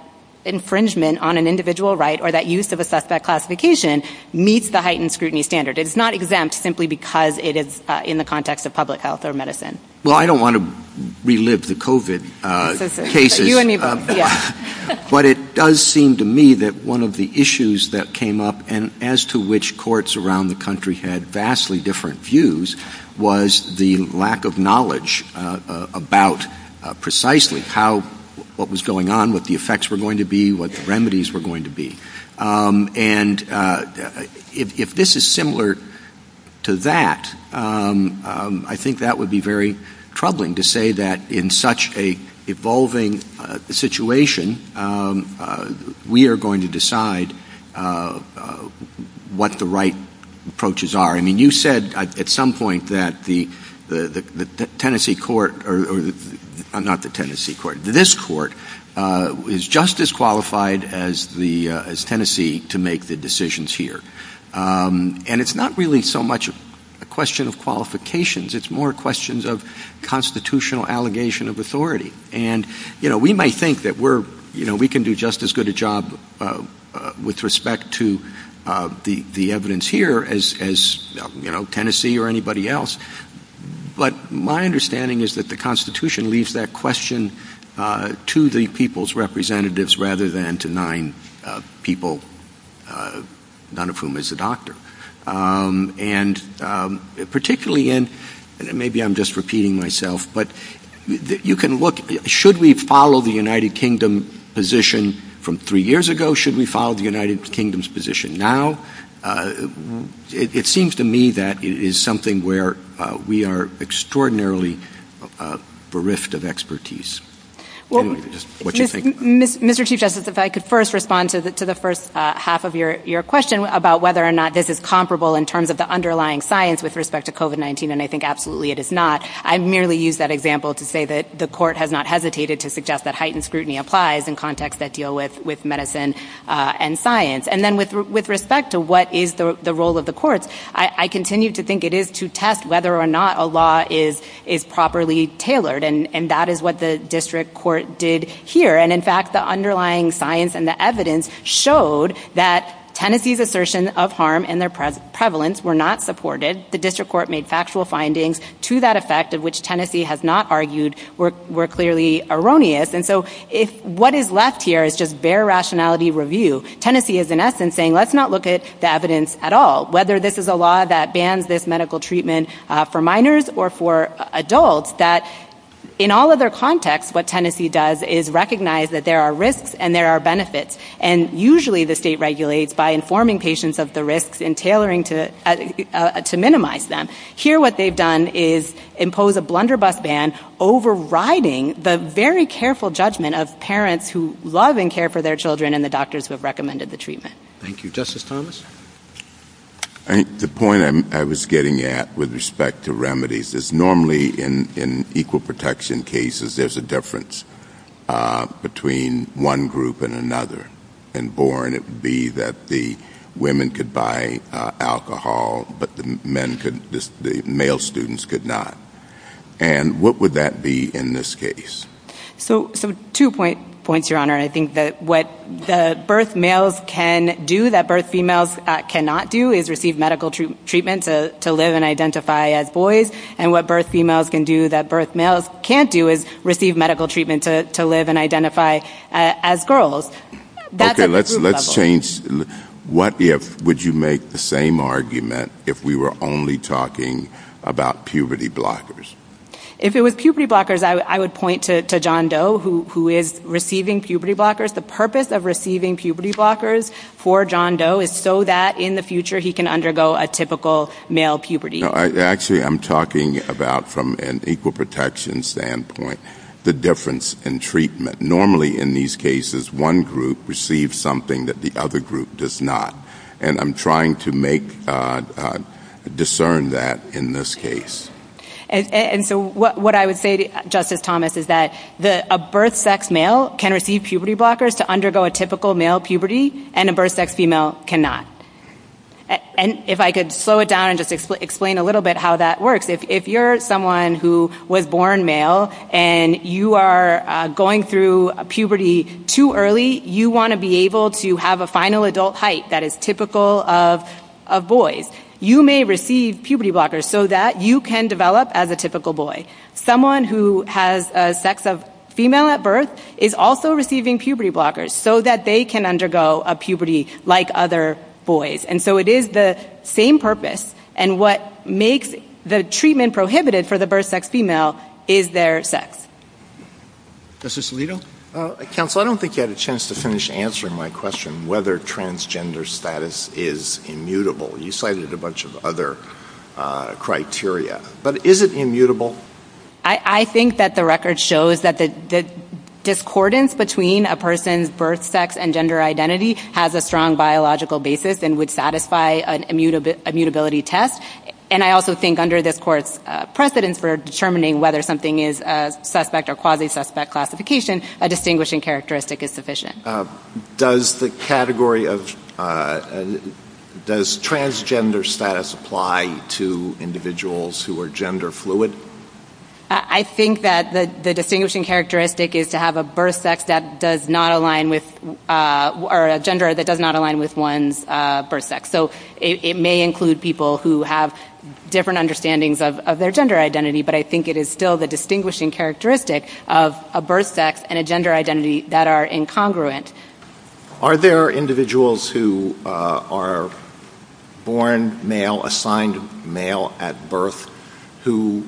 infringement on an individual right or that use of a suspect classification meets the heightened scrutiny standard. It's not exempt simply because it is in the context of public health or medicine. Well, I don't want to relive the COVID cases. But it does seem to me that one of the issues that came up, and as to which courts around the country had vastly different views, was the lack of knowledge about precisely how what was going on, what the effects were going to be, what the remedies were going to be. And if this is similar to that, I think that would be very troubling to say that in such an evolving situation, we are going to decide what the right approaches are. I mean, you said at some point that this Court is just as qualified as Tennessee to make the decisions here. And it's not really so much a question of qualifications, it's more questions of constitutional allegation of authority. And we might think that we can do just as good a job with respect to the evidence here as Tennessee or anybody else. But my understanding is that the Constitution leaves that question to the people's representatives rather than to nine people, none of whom is a doctor. And particularly in, maybe I'm just repeating myself, but you can look, should we follow the United Kingdom position from three years ago? Should we follow the United Kingdom's position now? It seems to me that it is something where we are extraordinarily bereft of expertise. Well, Mr. Chief Justice, if I could first respond to the first half of your question about whether or not this is comparable in terms of the underlying science with respect to COVID-19, and I think absolutely it is not. I've merely used that example to say that the Court has not hesitated to suggest that heightened scrutiny applies in contexts that deal with medicine and science. And then with respect to what is the role of the Court, I continue to think it is to test whether or not a law is properly tailored. And that is what the District Court did here. And in fact, the underlying science and the evidence showed that Tennessee's assertion of harm and their prevalence were not supported. The District Court made factual findings to that effect of which Tennessee has not argued were clearly erroneous. And so what is left here is just bare rationality review. Tennessee is in essence saying, let's not look at the evidence at all, whether this is a law that bans this medical treatment for minors or for adults, that in all other contexts, what Tennessee does is recognize that there are risks and there are benefits. And usually the state regulates by informing patients of the risks and tailoring to minimize them. Here what they've done is impose a blunderbuss ban, overriding the very careful judgment of parents who love and care for their children and the doctors who have recommended the treatment. Thank you. Justice Thomas? The point I was getting at with respect to remedies is normally in equal protection cases, there's a difference between one group and another. And boring it would be that the women could buy alcohol, but the male students could not. And what would that be in this case? So two points, Your Honor. I think that what the birth males can do that birth females cannot do is receive medical treatment to live and identify as boys. And what birth females can do that birth males can't do is receive medical treatment to live and identify as girls. Okay, let's change. What if, would you make the same argument if we were only talking about puberty blockers? If it was puberty blockers, I would point to John Doe, who is receiving puberty blockers. The purpose of receiving puberty blockers for John Doe is so that in the future he can undergo a typical male puberty. Actually, I'm talking about from an equal protection standpoint, the difference in treatment. Normally in these cases, one group receives something that the other group does not. And I'm trying to make, discern that in this case. And so what I would say to Justice Thomas is that a birth sex male can receive puberty blockers to undergo a typical male puberty, and a birth sex female cannot. And if I could slow it down and just explain a little bit how that works. If you're someone who was born male and you are going through puberty too early, you want to be able to have a final adult height that is typical of boys. You may receive puberty blockers so that you can develop as a typical boy. Someone who has a sex of female at birth is also receiving puberty blockers so that they can undergo a puberty like other boys. And so it is the same purpose. And what makes the treatment prohibited for the birth sex female is their sex. Justice Alito? Counsel, I don't think you had a chance to finish answering my question whether transgender status is immutable. You cited a bunch of other criteria. But is it immutable? I think that the record shows that the discordance between a person's birth sex and gender identity has a strong biological basis and would satisfy an immutability test. And I also think under this Court's precedence for determining whether something is a suspect or quasi-suspect classification, a distinguishing characteristic is sufficient. Does the category of—does transgender status apply to individuals who are gender fluid? I think that the distinguishing characteristic is to have a birth sex that does not align with—or a gender that does not align with one's birth sex. So it may include people who have different understandings of their gender identity, but I think it is still the distinguishing characteristic of a birth sex and a gender congruent. Are there individuals who are born male, assigned male at birth, who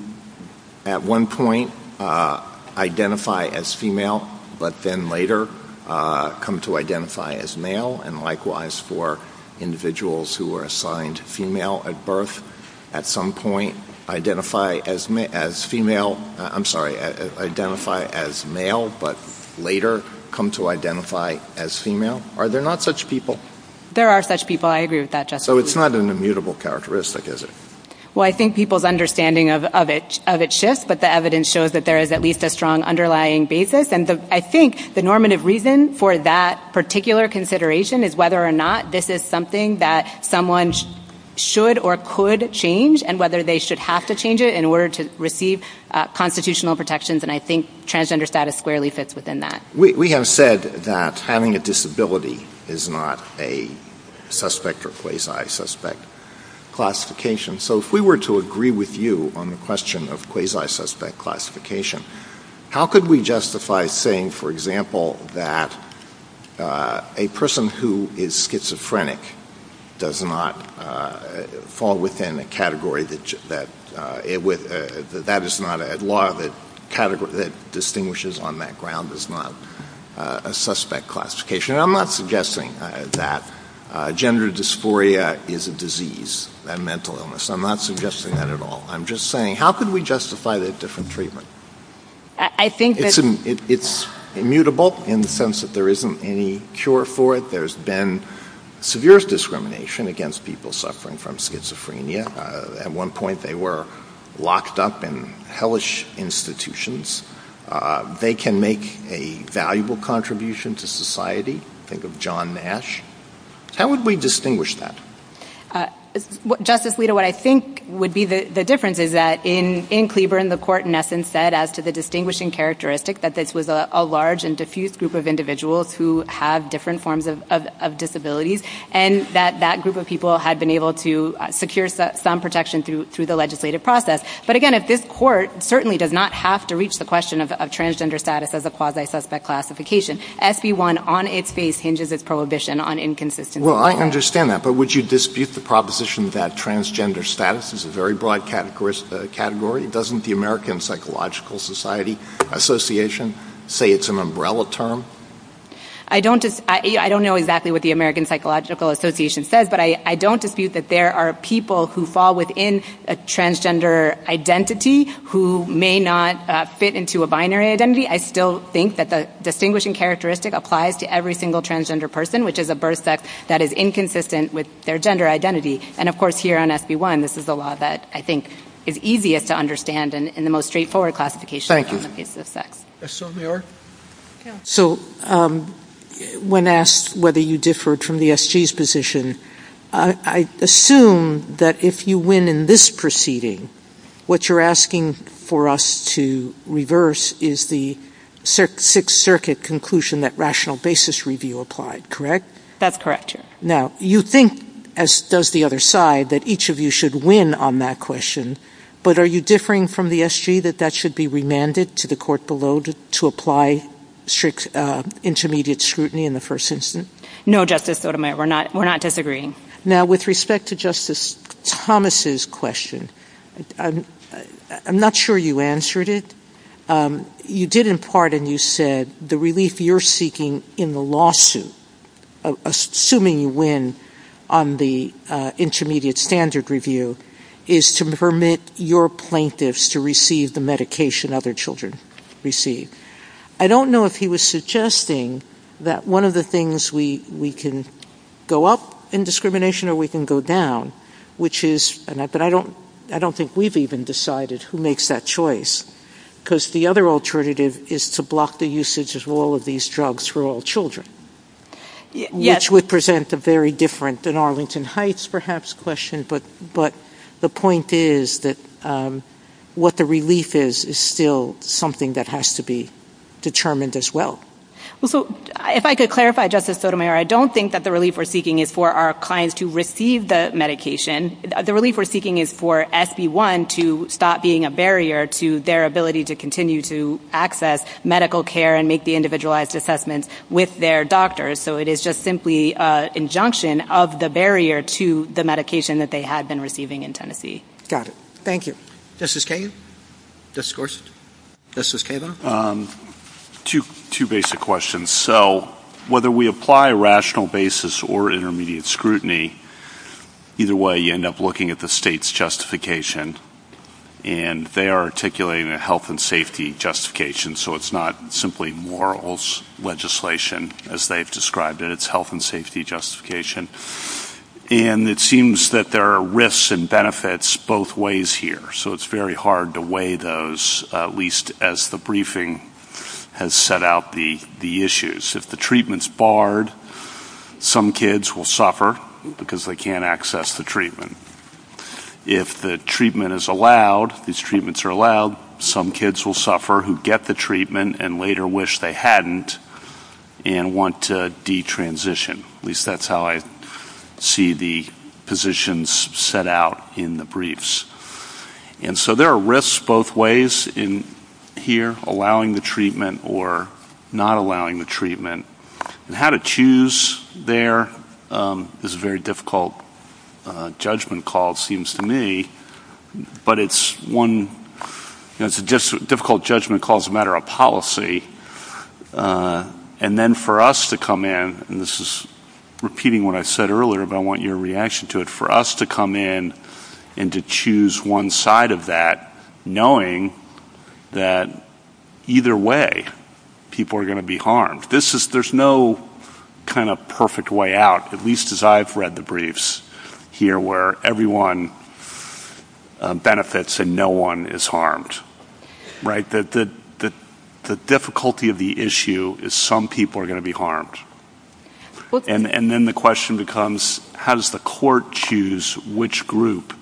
at one point identify as female, but then later come to identify as male, and likewise for individuals who are assigned female at birth, at some point identify as female—I'm sorry, identify as male, but later come to identify as female? Are there not such people? There are such people. I agree with that. So it's not an immutable characteristic, is it? Well, I think people's understanding of it shifts, but the evidence shows that there is at least a strong underlying basis. And I think the normative reason for that particular consideration is whether or not this is something that someone should or could change, and whether they should have to change it in order to receive constitutional protections. And I think transgender status squarely fits within that. We have said that having a disability is not a suspect or quasi-suspect classification. So if we were to agree with you on the question of quasi-suspect classification, how could we justify saying, for example, that a person who is schizophrenic does not fall within a category that distinguishes on that ground as not a suspect classification? And I'm not suggesting that gender dysphoria is a disease, a mental illness. I'm not suggesting that at all. I'm just saying, how could we justify that different treatment? It's immutable in the sense that there isn't any cure for it. There's been severe discrimination against people suffering from schizophrenia. At one point, they were locked up in hellish institutions. They can make a valuable contribution to society. Think of John Nash. How would we distinguish that? Justice Lito, what I think would be the difference is that in Cleburne, the court in essence said, as to the distinguishing characteristic, that this was a large and diffuse group of individuals who have different forms of disabilities, and that that group of people had been able to secure some protection through the legislative process. But again, if this court certainly does not have to reach the question of transgender status as a quasi-suspect classification, SE1 on its face hinges its prohibition on inconsistency. Well, I understand that. But would you dispute the proposition that transgender status is a very broad category? Doesn't the American Psychological Society Association say it's an umbrella term? I don't know exactly what the American Psychological Association says, but I don't dispute that there are people who fall within a transgender identity who may not fit into a binary identity. I still think that the distinguishing characteristic applies to every single transgender person, which is a birth sex that is inconsistent with their gender identity. And of course, here on SB1, this is a law that I think is easiest to understand in the most straightforward classification. Thank you. So when asked whether you differed from the SG's position, I assume that if you win in this proceeding, what you're asking for us to reverse is the Sixth Circuit conclusion that rational basis review applied, correct? That's correct. Now, you think, as does the other side, that each of you should win on that question, but are you differing from the SG that that should be remanded to the court below to apply strict intermediate scrutiny in the first instance? No, Justice Sotomayor, we're not disagreeing. Now, with respect to Justice Thomas's question, I'm not sure you answered it. You did, in part, and you said the relief you're seeking in the lawsuit, assuming you win on the intermediate standard review, is to permit your plaintiffs to receive the medication other children receive. I don't know if he was suggesting that one of the things we can go up in discrimination or we can go down, which is, but I don't think we've even decided who makes that choice, because the other alternative is to block the usage of all of these drugs for all children, which would present a very different than Arlington Heights, perhaps, question, but the point is that what the relief is is still something that has to be determined as well. Well, so if I could clarify, Justice Sotomayor, I don't think that the relief we're seeking is for our clients to receive the medication. The relief we're seeking is for SB1 to stop being a barrier to their ability to continue to access medical care and make the individualized assessment with their doctors, so it is just simply an injunction of the barrier to the medication that they have been receiving in Got it. Thank you. Justice Kagan? Justice Gorsuch? Justice Kagan? Two basic questions. So whether we apply rational basis or intermediate scrutiny, either way, you end up looking at the state's justification, and they are articulating a health and safety justification, so it's not simply morals legislation as they've described it. It's health and safety justification, and it seems that there are risks and benefits both ways here, so it's very hard to weigh those, at least as the briefing has set out the issues. If the treatment is barred, some kids will suffer because they can't access the treatment. If the treatment is allowed, these treatments are allowed, some kids will suffer who get the treatment and later wish they hadn't and want to detransition. At least that's how I see the positions set out in the briefs. And so there are risks both ways in here, allowing the treatment or not allowing the treatment, and how to choose there is a very difficult judgment call, it seems to me, but it's one, it's a difficult judgment call as a matter of policy, and then for us to come in, and this is repeating what I said earlier, but I want your reaction to it, for us to come in and to choose one side of that, knowing that either way, people are going to be harmed. This is, there's no kind of perfect way out, at least as I've read the briefs here where everyone benefits and no one is harmed, right? That the difficulty of the issue is some people are going to be harmed. And then the question becomes, has the court choose which group?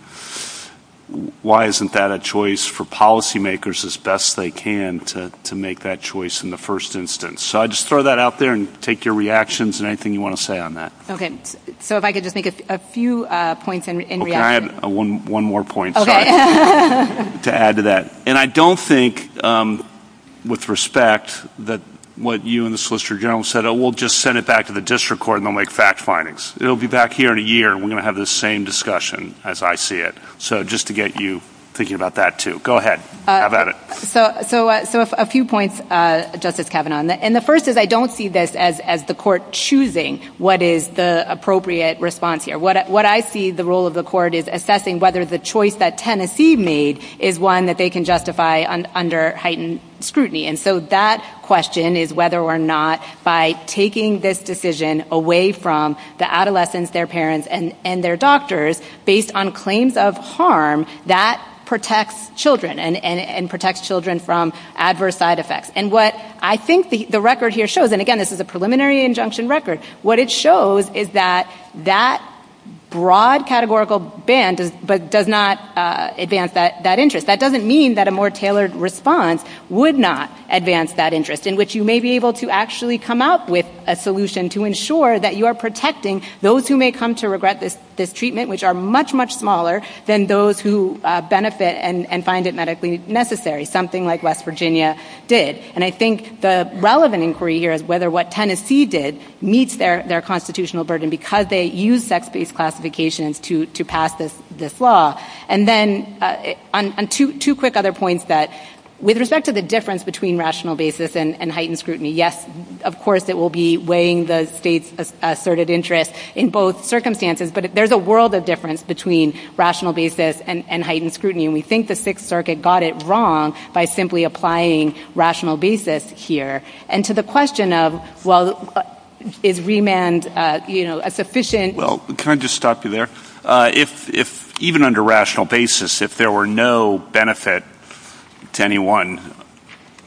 Why isn't that a choice for policy makers as best they can to make that choice in the first instance? So I'll just throw that out there and take your reactions and anything you want to say on that. Okay, so if I could just make a few points in reaction. Okay, I have one more point to add to that. And I don't think, with respect, that what you and the Solicitor General said, we'll just send it back to the district court and they'll make fact findings. It'll be back here in a year and we're going to have the same discussion as I see it. So just to get you thinking about that too. Go ahead, have at it. So a few points, Justice Kavanaugh. And the first is I don't see this as the court choosing what is the appropriate response here. What I see the role of the court is assessing whether the choice that Tennessee made is one that they can justify under heightened scrutiny. And so that question is whether or not by taking this decision away from the adolescents, their parents, and their doctors, based on claims of harm, that protects children and protects children from adverse side effects. And what I think the record here shows, and again, this is a preliminary injunction record, what it shows is that that broad categorical ban does not advance that interest. That doesn't mean that a more tailored response would not advance that interest, in which you may be able to actually come up with a solution to ensure that you are protecting those who may come to regret this treatment, which are much, much smaller than those who benefit and find it medically necessary, something like West Virginia did. And I think the relevant inquiry here is whether what Tennessee did meets their constitutional burden because they used sex-based classifications to pass this law. And then on two quick other points that, with respect to the difference between rational basis and heightened scrutiny, yes, of course, it will be weighing the state's asserted interest in both circumstances, but there's a world of difference between rational basis and heightened scrutiny. And we think the Sixth Circuit got it wrong by simply applying rational basis here. And to the question of, well, is remand a sufficient— Well, can I just stop you there? Even under rational basis, if there were no benefit to anyone,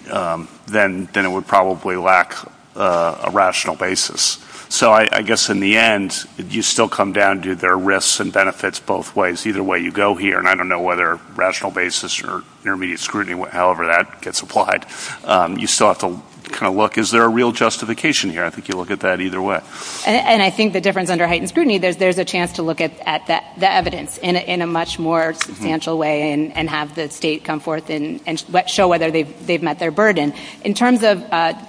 then it would probably lack a rational basis. So I guess, in the end, you still come down to there are risks and benefits both ways. Either way, you go here. And I don't know whether rational basis or intermediate scrutiny, however that gets applied, you still have to kind of look, is there a real justification here? I think you look at that either way. And I think the difference under heightened scrutiny, there's a chance to look at the evidence in a much more substantial way and have the state come forth and show whether they've met their burden. In terms of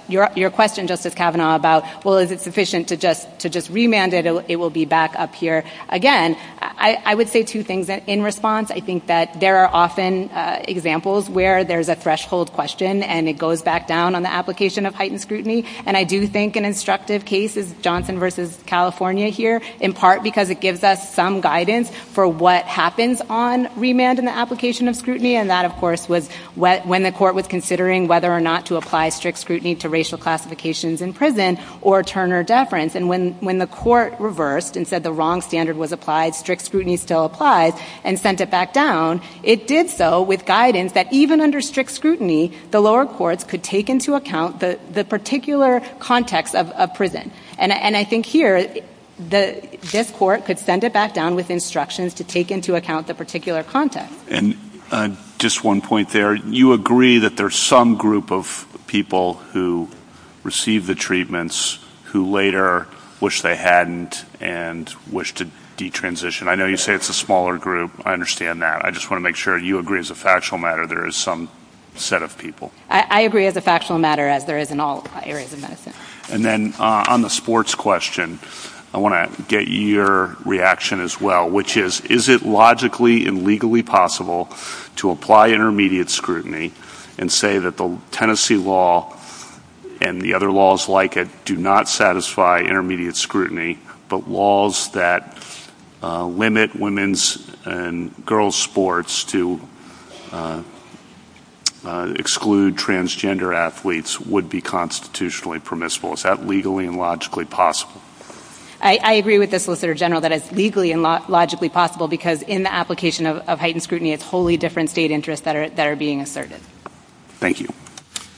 your question, Justice Kavanaugh, about, well, is it sufficient to just remand it, it will be back up here again, I would say two things. In response, I think that there are often examples where there's a threshold question and it goes back down on the application of heightened scrutiny. And I do think an instructive case is Johnson v. California here, in part because it gives us some guidance for what happens on remand and the application of scrutiny. And that, of course, was when the court was considering whether or not to apply strict scrutiny to racial classifications in prison or Turner deference. And when the court reversed and said the wrong standard was applied, strict scrutiny still applies, and sent it back down, it did so with guidance that even under strict scrutiny, the lower courts could take into account the particular context of a prison. And I think here, this court could send it back down with instructions to take into account the particular context. And just one point there. You agree that there's some group of people who receive the treatments who later wish they hadn't and wish to detransition. I know you say it's a smaller group. I understand that. I just want to make sure you agree as a factual matter there is some set of people. I agree as a factual matter, as there is in all areas of medicine. And then on the sports question, I want to get your reaction as well, which is, is it logically and legally possible to apply intermediate scrutiny and say that the Tennessee law and the other laws like it do not satisfy intermediate scrutiny, but laws that limit women's and girls' sports to exclude transgender athletes would be constitutionally permissible. Is that legally and logically possible? I agree with the Solicitor General that it's legally and logically possible, because in the application of heightened scrutiny, it's wholly different state interests that are being asserted. Thank you.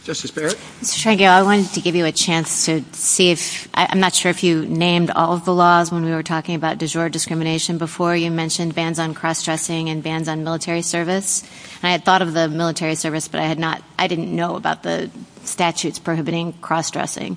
Justice Barrett? Mr. Tregear, I wanted to give you a chance to see if—I'm not sure if you named all of the laws when we were talking about de jure discrimination. Before, you mentioned bans on cross-dressing and bans on military service. And I had thought of the military service, but I had not—I didn't know about the statutes prohibiting cross-dressing.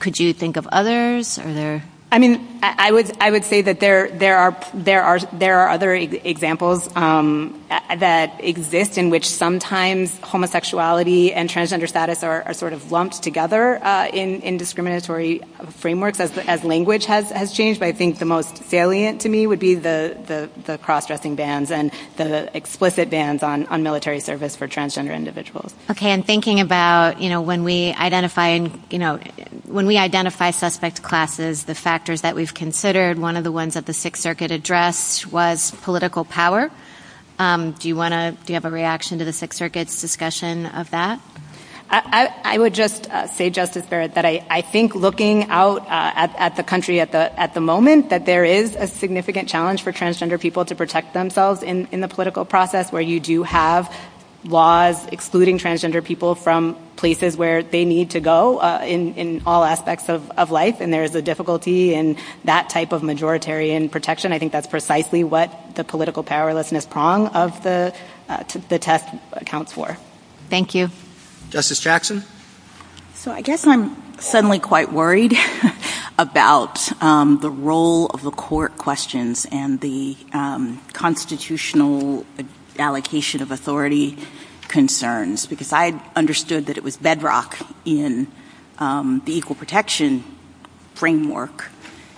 Could you think of others? Are there— I mean, I would say that there are other examples that exist in which sometimes homosexuality and transgender status are sort of lumped together in discriminatory frameworks as language has changed. I think the most salient to me would be the cross-dressing bans and the explicit bans on military service for transgender individuals. And thinking about, you know, when we identify suspect classes, the factors that we've considered, one of the ones that the Sixth Circuit addressed was political power. Do you want to—do you have a reaction to the Sixth Circuit's discussion of that? I would just say, Justice Barrett, that I think looking out at the country at the moment, that there is a significant challenge for transgender people to protect themselves in the political process where you do have laws excluding transgender people from places where they need to go in all aspects of life. And there is a difficulty in that type of majoritarian protection. I think that's precisely what the political powerlessness prong of the text accounts for. Thank you. Justice Jackson? So I guess I'm suddenly quite worried about the role of the court questions and the constitutional allocation of authority concerns, because I understood that it was bedrock in the equal protection framework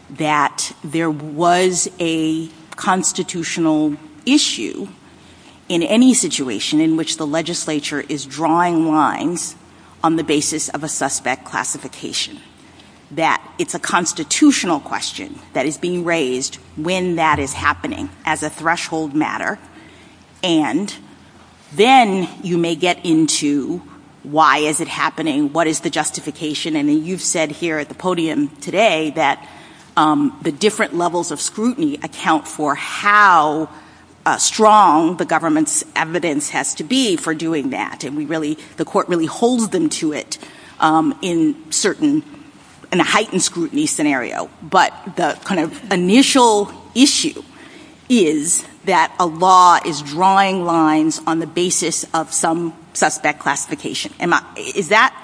that there was a constitutional issue in any situation in which the legislature is drawing lines on the basis of a suspect classification, that it's a constitutional question that is being raised when that is happening as a threshold matter. And then you may get into why is it happening? What is the justification? And you've said here at the podium today that the different levels of scrutiny account for how strong the government's evidence has to be for doing that. And the court really holds them to it in a heightened scrutiny scenario. But the kind of initial issue is that a law is drawing lines on the basis of some suspect classification. Does that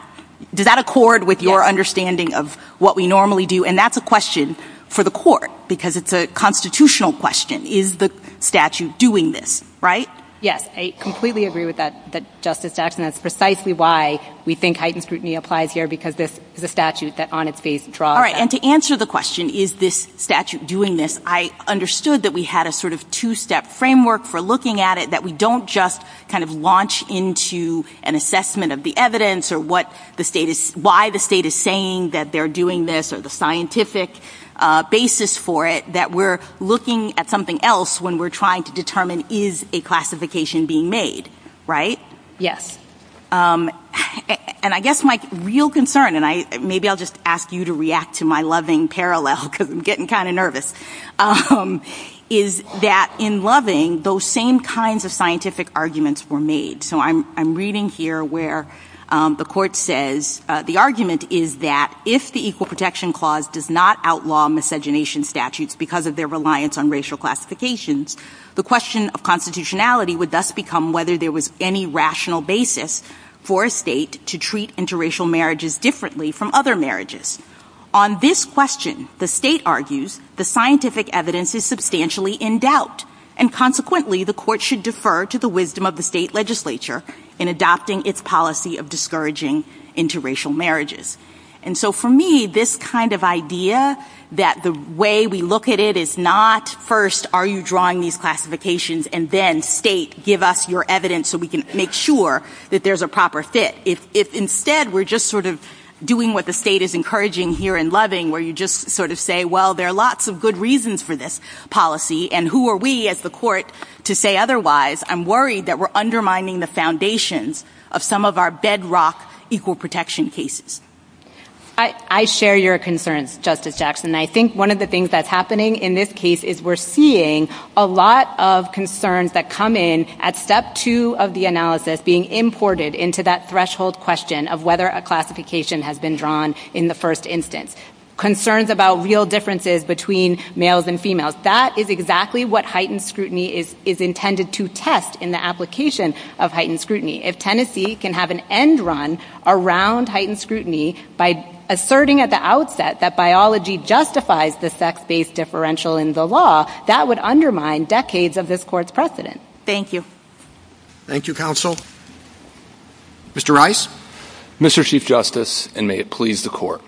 accord with your understanding of what we normally do? And that's a question for the court, because it's a constitutional question. Is the statute doing this, right? Yes, I completely agree with that, Justice Jackson. That's precisely why we think heightened scrutiny applies here, because this is a statute that on its face draws. All right. And to answer the question, is this statute doing this, I understood that we had a sort of two-step framework for looking at it, that we don't just kind of launch into an assessment of the evidence or what the state is, why the state is saying that they're doing this or the scientific basis for it, that we're looking at something else when we're trying to determine is a classification being made, right? Yes. And I guess my real concern, and maybe I'll just ask you to react to my loving parallel, because I'm getting kind of nervous, is that in loving, those same kinds of scientific arguments were made. So I'm reading here where the court says the argument is that if the Equal Protection Clause does not outlaw miscegenation statutes because of their reliance on racial classifications, the question of constitutionality would thus become whether there was any rational basis for a state to treat interracial marriages differently from other marriages. On this question, the state argues the scientific evidence is substantially in doubt, and consequently, the court should defer to the wisdom of the state legislature in adopting its policy of discouraging interracial marriages. And so for me, this kind of idea that the way we look at it is not first, are you drawing these classifications, and then state, give us your evidence so we can make sure that there's a proper fit, if instead we're just sort of doing what the state is encouraging here in loving, where you just sort of say, well, there are lots of good reasons for this policy, and who are we as the court to say otherwise? I'm worried that we're undermining the foundations of some of our bedrock equal protection cases. I share your concerns, Justice Jackson. I think one of the things that's happening in this case is we're seeing a lot of concerns that come in at step two of the analysis being imported into that threshold question of whether a classification has been drawn in the first instance. Concerns about real differences between males and females. That is exactly what heightened scrutiny is intended to test in the application of heightened scrutiny. If Tennessee can have an end run around heightened scrutiny by asserting at the outset that biology justifies the sex-based differential in the law, that would undermine decades of this court's precedent. Thank you. Thank you, counsel. Mr. Rice? Mr. Chief Justice, and may it please the court.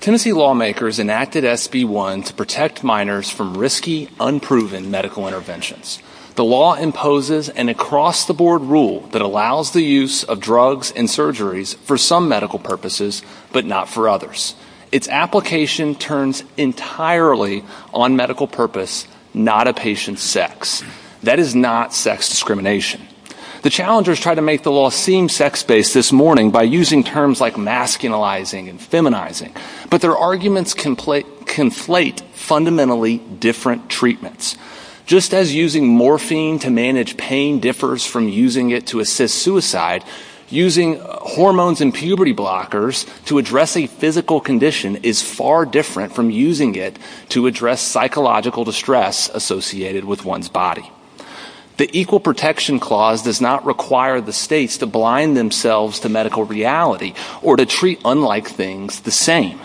Tennessee lawmakers enacted SB1 to protect minors from risky, unproven medical interventions. The law imposes an across-the-board rule that allows the use of drugs and surgeries for some medical purposes, but not for others. Its application turns entirely on medical purpose, not a patient's sex. That is not sex discrimination. The challengers tried to make the law seem sex-based this morning by using terms like masculinizing and feminizing, but their arguments conflate fundamentally different treatments. Just as using morphine to manage pain differs from using it to assist suicide, using hormones and puberty blockers to address a physical condition is far different from using it to address psychological distress associated with one's body. The Equal Protection Clause does not require the states to blind themselves to medical reality or to treat unlike things the same.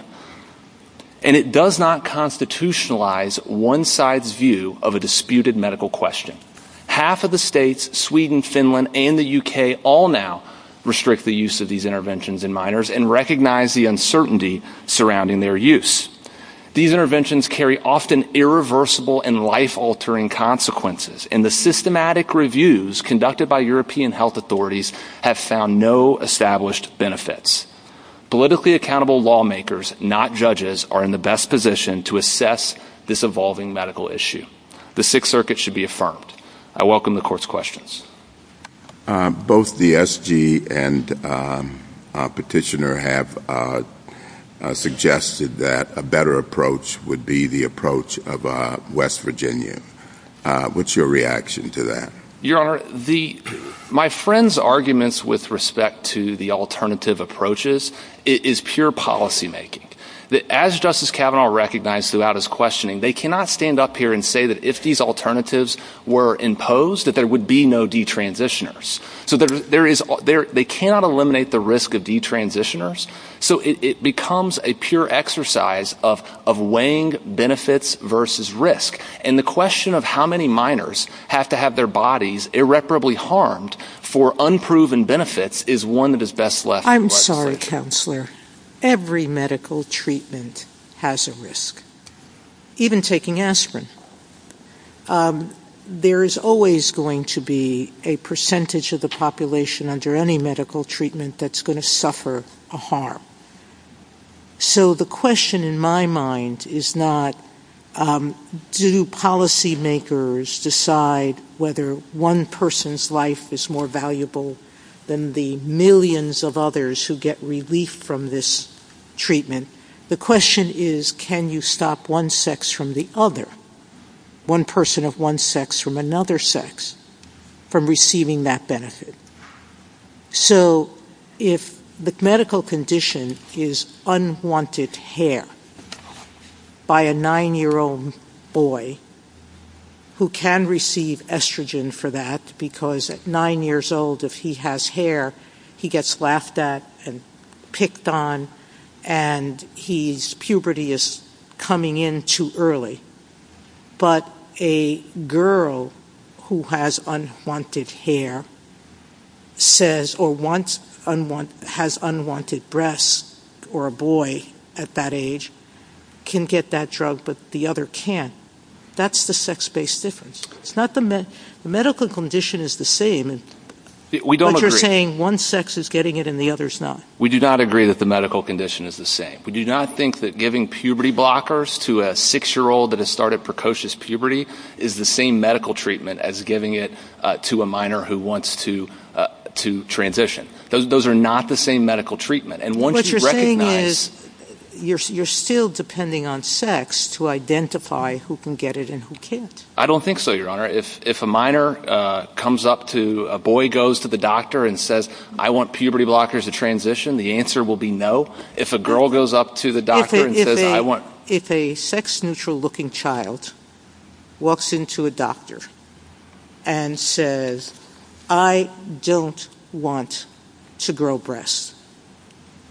And it does not constitutionalize one side's view of a disputed medical question. Half of the states, Sweden, Finland, and the UK all now restrict the use of these interventions in minors and recognize the uncertainty surrounding their use. These interventions carry often irreversible and life-altering consequences, and the systematic reviews conducted by European health authorities have found no established benefits. Politically accountable lawmakers, not judges, are in the best position to assess this evolving medical issue. The Sixth Circuit should be affirmed. I welcome the Court's questions. MR. BROOKS Both the SG and Petitioner have suggested that a better approach would be the approach of West Virginia. What's your reaction to that? BROOKS Your Honor, my friend's arguments with respect to the alternative approaches is pure policymaking. As Justice Kavanaugh recognized throughout his questioning, they cannot stand up here and say that if these alternatives were imposed that there would be no detransitioners. So they cannot eliminate the risk of detransitioners. So it becomes a pure exercise of weighing benefits versus risk. And the question of how many minors have to have their bodies irreparably harmed for unproven benefits is one of his best lessons. MRS. GOTTLIEB I'm sorry, Counselor. Every medical treatment has a risk, even taking aspirin. There is always going to be a percentage of the population under any medical treatment that's going to suffer a harm. So the question in my mind is not do policymakers decide whether one person's life is more valuable than the millions of others who get relief from this treatment. The question is can you stop one sex from the other, one person of one sex from another sex, from receiving that benefit? So if the medical condition is unwanted hair by a nine-year-old boy who can receive estrogen for that because at nine years old if he has hair, he gets laughed at and picked on and his puberty is coming in too early. But a girl who has unwanted hair says or has unwanted breasts or a boy at that age can get that drug but the other can't. That's the sex-based difference. It's not the medical condition is the same. MR. GOTTLIEB We don't agree. GOTTLIEB What you're saying, one sex is getting it and the other is not. GOTTLIEB We do not agree that the medical condition is the same. We do not think that giving puberty blockers to a six-year-old that has started precocious puberty is the same medical treatment as giving it to a minor who wants to transition. Those are not the same medical treatment. MR. GOTTLIEB What you're saying is you're still depending on sex to identify who can get it and who can't. GOTTLIEB I don't think so, Your Honor. If a minor comes up to, a boy goes to the doctor and says I want puberty blockers to transition, the answer will be no. If a girl goes up to the doctor and says I want... MR. GOTTLIEB If a sex-neutral looking child walks into a doctor and says I don't want to grow breasts,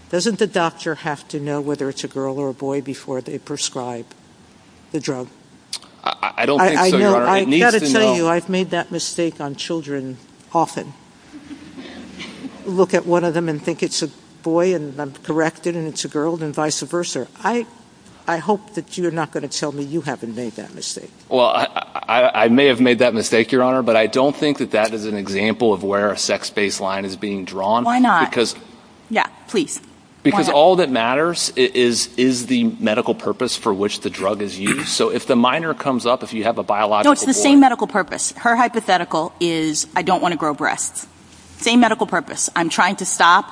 doesn't the doctor have to know whether it's a girl or a boy before they prescribe the drug? GOTTLIEB I don't think so, Your Honor. It needs to know... GOTTLIEB I've got to tell you, I've made that mistake on children often, look at one of them and think it's a boy and then correct it and it's a girl and vice versa. I hope that you're not going to tell me you haven't made that mistake. MR. GOTTLIEB Well, I may have made that mistake, Your Honor, but I don't think that that is an example of where a sex-based line is being drawn. GOTTLIEB Why not? GOTTLIEB Because... MRS. GOTTLIEB Yeah, please. GOTTLIEB Because all that matters is the medical purpose for which the drug is used. So if the minor comes up, if you have a biological... GOTTLIEB No, it's the same medical purpose. Her hypothetical is I don't want to grow breasts. Same medical purpose. I'm trying to stop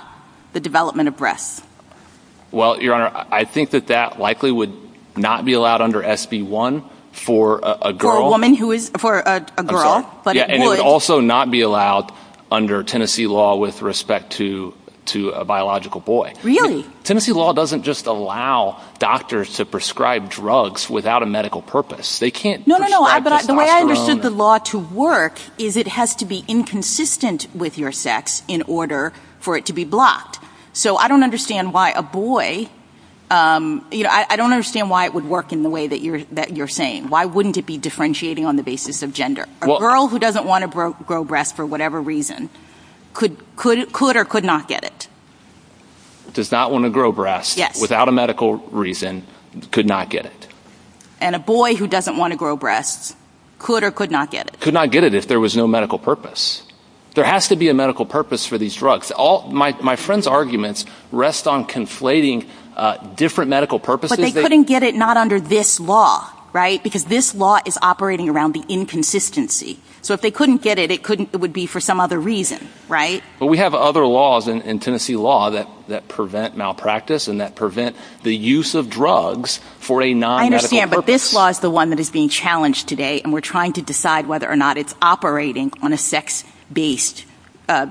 the development of breasts. GOTTLIEB Well, Your Honor, I think that that likely would not be allowed under SB1 for a girl. GOTTLIEB For a woman who is... For a girl. GOTTLIEB Yeah, and it would also not be allowed under Tennessee law with respect to a biological boy. GOTTLIEB Really? GOTTLIEB Tennessee law doesn't just allow doctors to prescribe drugs without a medical purpose. They can't prescribe... GOTTLIEB No, no, no, but the way I understood the law to work is it has to be inconsistent with your sex in order for it to be blocked. So I don't understand why a boy, you know, I don't understand why it would work in the way that you're saying. Why wouldn't it be differentiating on the basis of gender? A girl who doesn't want to grow breasts for whatever reason could or could not get it. GOTTLIEB Does not want to grow breasts without a medical reason could not get it. GOTTLIEB And a boy who doesn't want to grow breasts could or could not get it. GOTTLIEB Could not get it if there was no medical purpose. There has to be a medical purpose for these drugs. All my friend's arguments rest on conflating different medical purposes. GOTTLIEB But they couldn't get it not under this law, right? Because this law is operating around the inconsistency. So if they couldn't get it, it wouldn't be for some other reason, right? GOTTLIEB But we have other laws in Tennessee law that prevent malpractice and that prevent the use of drugs for a non-medical purpose. GOTTLIEB I understand, but this law is the one that is being challenged today and we're trying to decide whether or not it's operating on a sex-based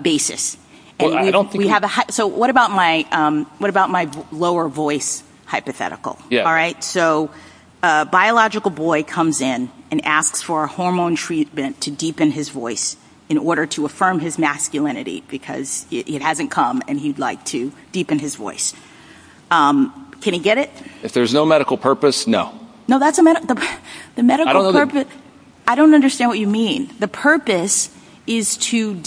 basis. So what about my lower voice hypothetical, all right? So a biological boy comes in and asks for hormone treatment to deepen his voice in order to affirm his masculinity because it hasn't come and he'd like to deepen his voice. Can he get it? GOTTLIEB If there's no medical purpose, no. No, that's the medical purpose. I don't understand what you mean. The purpose is to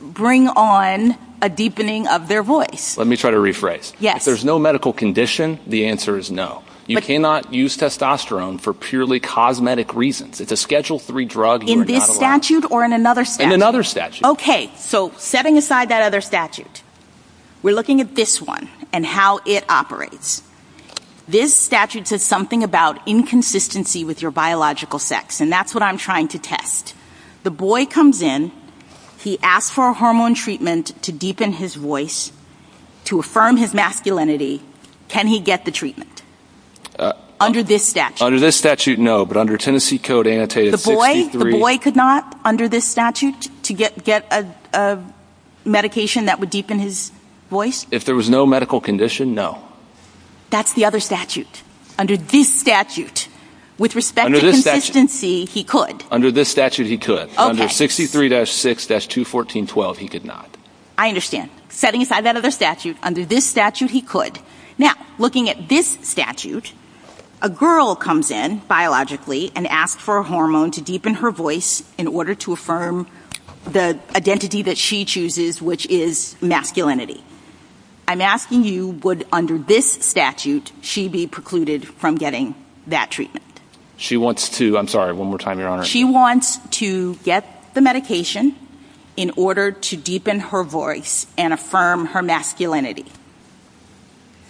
bring on a deepening of their voice. GOTTLIEB Let me try to rephrase. If there's no medical condition, the answer is no. You cannot use testosterone for purely cosmetic reasons. It's a Schedule III drug. GOTTLIEB In this statute or in another statute? GOTTLIEB In another statute. GOTTLIEB Okay, so setting aside that other statute, we're looking at this one and how it operates. This statute says something about inconsistency with your biological sex, and that's what I'm trying to test. The boy comes in, he asks for a hormone treatment to deepen his voice to affirm his masculinity. Can he get the treatment? Under this statute? GOTTLIEB Under this statute, no. But under Tennessee Code Annotated 63— GOTTLIEB The boy could not, under this statute, to get a medication that would deepen his voice? GOTTLIEB If there was no medical condition, no. That's the other statute. Under this statute, with respect to consistency, he could. GOTTLIEB Under this statute, he could. GOTTLIEB Okay. GOTTLIEB Under 63-6-21412, he could not. GOTTLIEB I understand. Setting aside that other statute, under this statute, he could. Now, looking at this statute, a girl comes in biologically and asks for a hormone to deepen her voice in order to affirm the identity that she chooses, which is masculinity. I'm asking you, would, under this statute, she be precluded from getting that treatment? GOTTLIEB She wants to—I'm sorry. One more time, Your Honor. GOTTLIEB She wants to get the medication in order to deepen her voice and affirm her masculinity. GOTTLIEB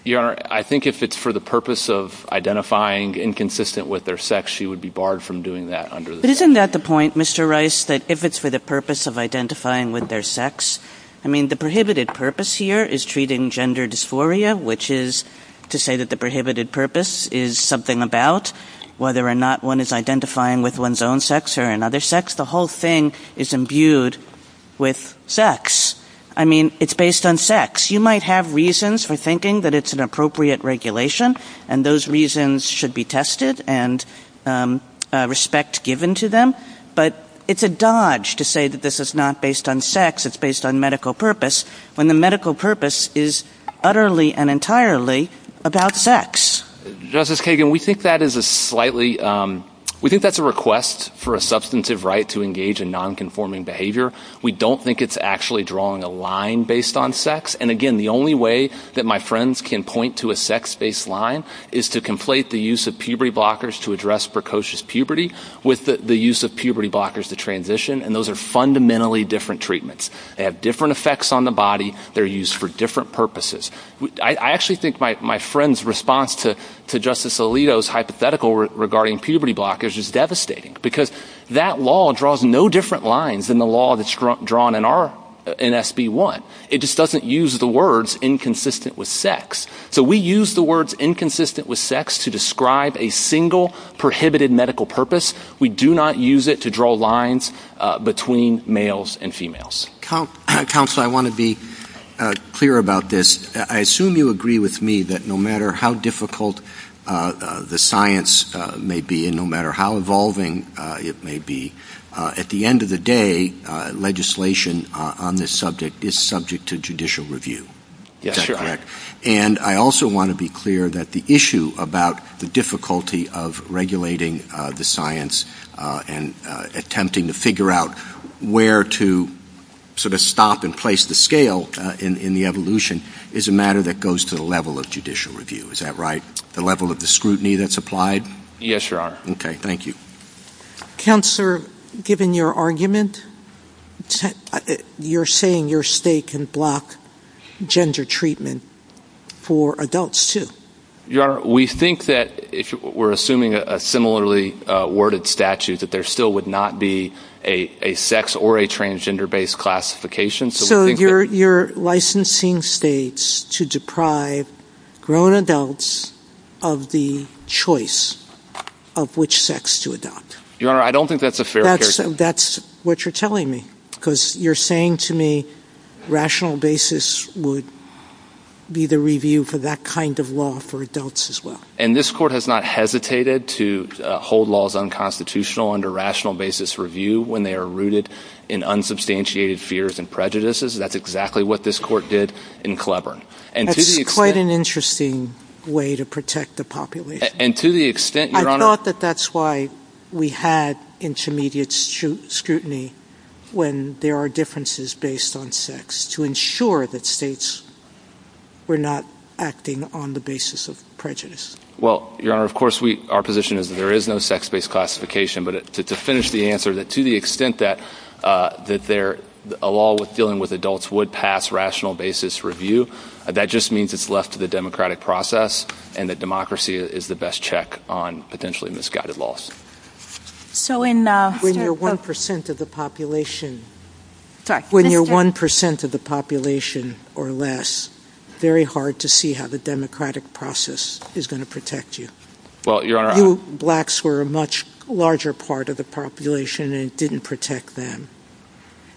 Your Honor, I think if it's for the purpose of identifying inconsistent with their sex, she would be barred from doing that under the statute. NISBET But isn't that the point, Mr. Rice, that if it's for the purpose of identifying with their sex—I mean, the prohibited purpose here is treating gender dysphoria, which is to say that the prohibited purpose is something about whether or not one is identifying with one's own sex or another sex. The whole thing is imbued with sex. I mean, it's based on sex. You might have reasons for thinking that it's an appropriate regulation, and those reasons should be tested and respect given to them. But it's a dodge to say that this is not based on sex, it's based on medical purpose, when the medical purpose is utterly and entirely about sex. GOTTLIEB Justice Kagan, we think that's a request for a substantive right to engage in nonconforming behavior. We don't think it's actually drawing a line based on sex. And again, the only way that my friends can point to a sex-based line is to conflate the use of puberty blockers to address precocious puberty with the use of puberty blockers to transition, and those are fundamentally different treatments. They have different effects on the body. They're used for different purposes. I actually think my friend's response to Justice Alito's hypothetical regarding puberty blockers is devastating, because that law draws no different lines than the law that's drawn in SB 1. It just doesn't use the words inconsistent with sex. So we use the words inconsistent with sex to describe a single prohibited medical purpose. We do not use it to draw lines between males and females. GOTTLIEB Counselor, I want to be clear about this. I assume you agree with me that no matter how difficult the science may be and no matter how evolving it may be, at the end of the day, legislation on this subject is subject to judicial review. MR. ALITO I also want to be clear that the issue about the difficulty of regulating the science and attempting to figure out where to sort of stop and place the scale in the evolution is a matter that goes to the level of judicial review. Is that right? The level of the scrutiny that's applied? GOTTLIEB Yes, Your Honor. ALITO Okay. Thank you. GOTTLIEB Counselor, given your argument, you're saying your state can block gender treatment for adults, too. MR. ALITO Your Honor, we think that if we're assuming a similarly worded statute, that there still would not be a sex or a transgender-based classification. GOTTLIEB So you're licensing states to deprive grown adults of the choice of which sex to MR. ALITO Your Honor, I don't think that's a fair characteristic. GOTTLIEB That's what you're telling me, because you're saying to me rational basis would be the review for that kind of law for adults as well. MR. ALITO And this court has not hesitated to hold laws unconstitutional under rational basis review when they are rooted in unsubstantiated fears and prejudices. That's exactly what this court did in Cleburne. GOTTLIEB That's quite an interesting way to protect the population. MR. ALITO And to the extent, Your Honor— GOTTLIEB I thought that that's why we had intermediate scrutiny when there are differences based on sex, to ensure that states were not acting on the basis of prejudice. MR. ALITO Well, Your Honor, of course our position is there is no sex-based classification, but to finish the answer, to the extent that a law dealing with adults would pass rational basis review, that just means it's left to the democratic process and that democracy is the best check on potentially misguided laws. GOTTLIEB When you're 1% of the population or less, it's very hard to see how the democratic process is going to protect you. Blacks were a much larger part of the population and it didn't protect them.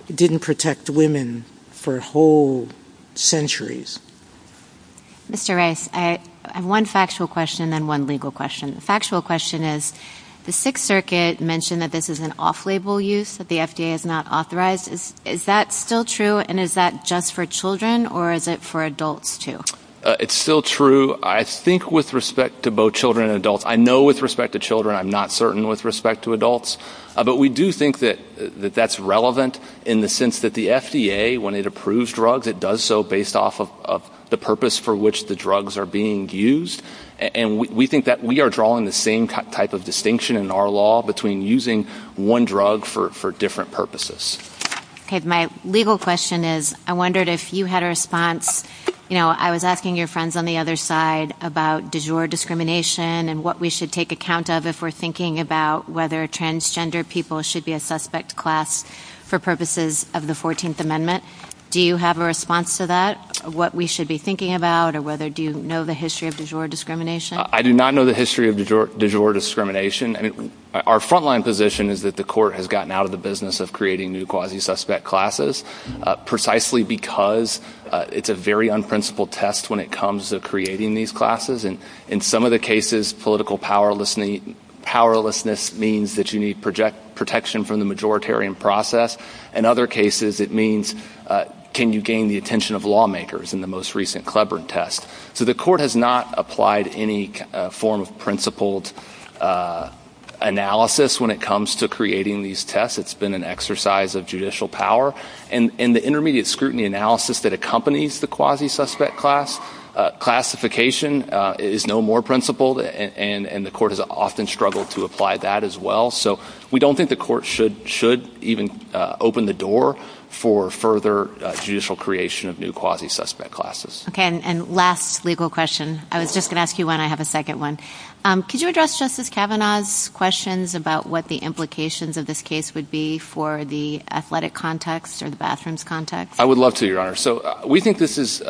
It didn't protect women for whole centuries. OPERATOR Mr. Rice, I have one factual question and one legal question. The factual question is, the Sixth Circuit mentioned that this is an off-label use, that the FDA is not authorized. Is that still true and is that just for children or is it for adults too? MR. RICE It's still true, I think, with respect to both children and adults. I know with respect to children, I'm not certain with respect to adults, but we do think that that's relevant in the sense that the FDA, when it approves drugs, it does so based off of the purpose for which the drugs are being used. We think that we are drawing the same type of distinction in our law between using one drug for different purposes. OPERATOR My legal question is, I wondered if you had a response. I was asking your friends on the other side about digital discrimination and what we should take account of if we're thinking about whether transgender people should be a suspect class for purposes of the 14th Amendment. Do you have a response to that, what we should be thinking about, or whether do you know the history of digital discrimination? MR. RICE I do not know the history of digital discrimination. Our frontline position is that the Court has gotten out of the business of creating new quasi-suspect classes precisely because it's a very unprincipled test when it comes to creating these classes. In some of the cases, political powerlessness means that you need protection from the majoritarian process. In other cases, it means can you gain the attention of lawmakers in the most recent Cleburne test. So the Court has not applied any form of principled analysis when it comes to creating these tests. It's been an exercise of judicial power. And in the intermediate scrutiny analysis that accompanies the quasi-suspect class, classification is no more principled, and the Court has often struggled to apply that as well. So we don't think the Court should even open the door for further judicial creation of new quasi-suspect classes. OPERATOR Okay. And last legal question. I was just going to ask you one. I have a second one. Could you address Justice Kavanaugh's questions about what the implications of this case would be for the athletic context or the bathrooms context? MR. RICE I would love to, Your Honor. So we think this is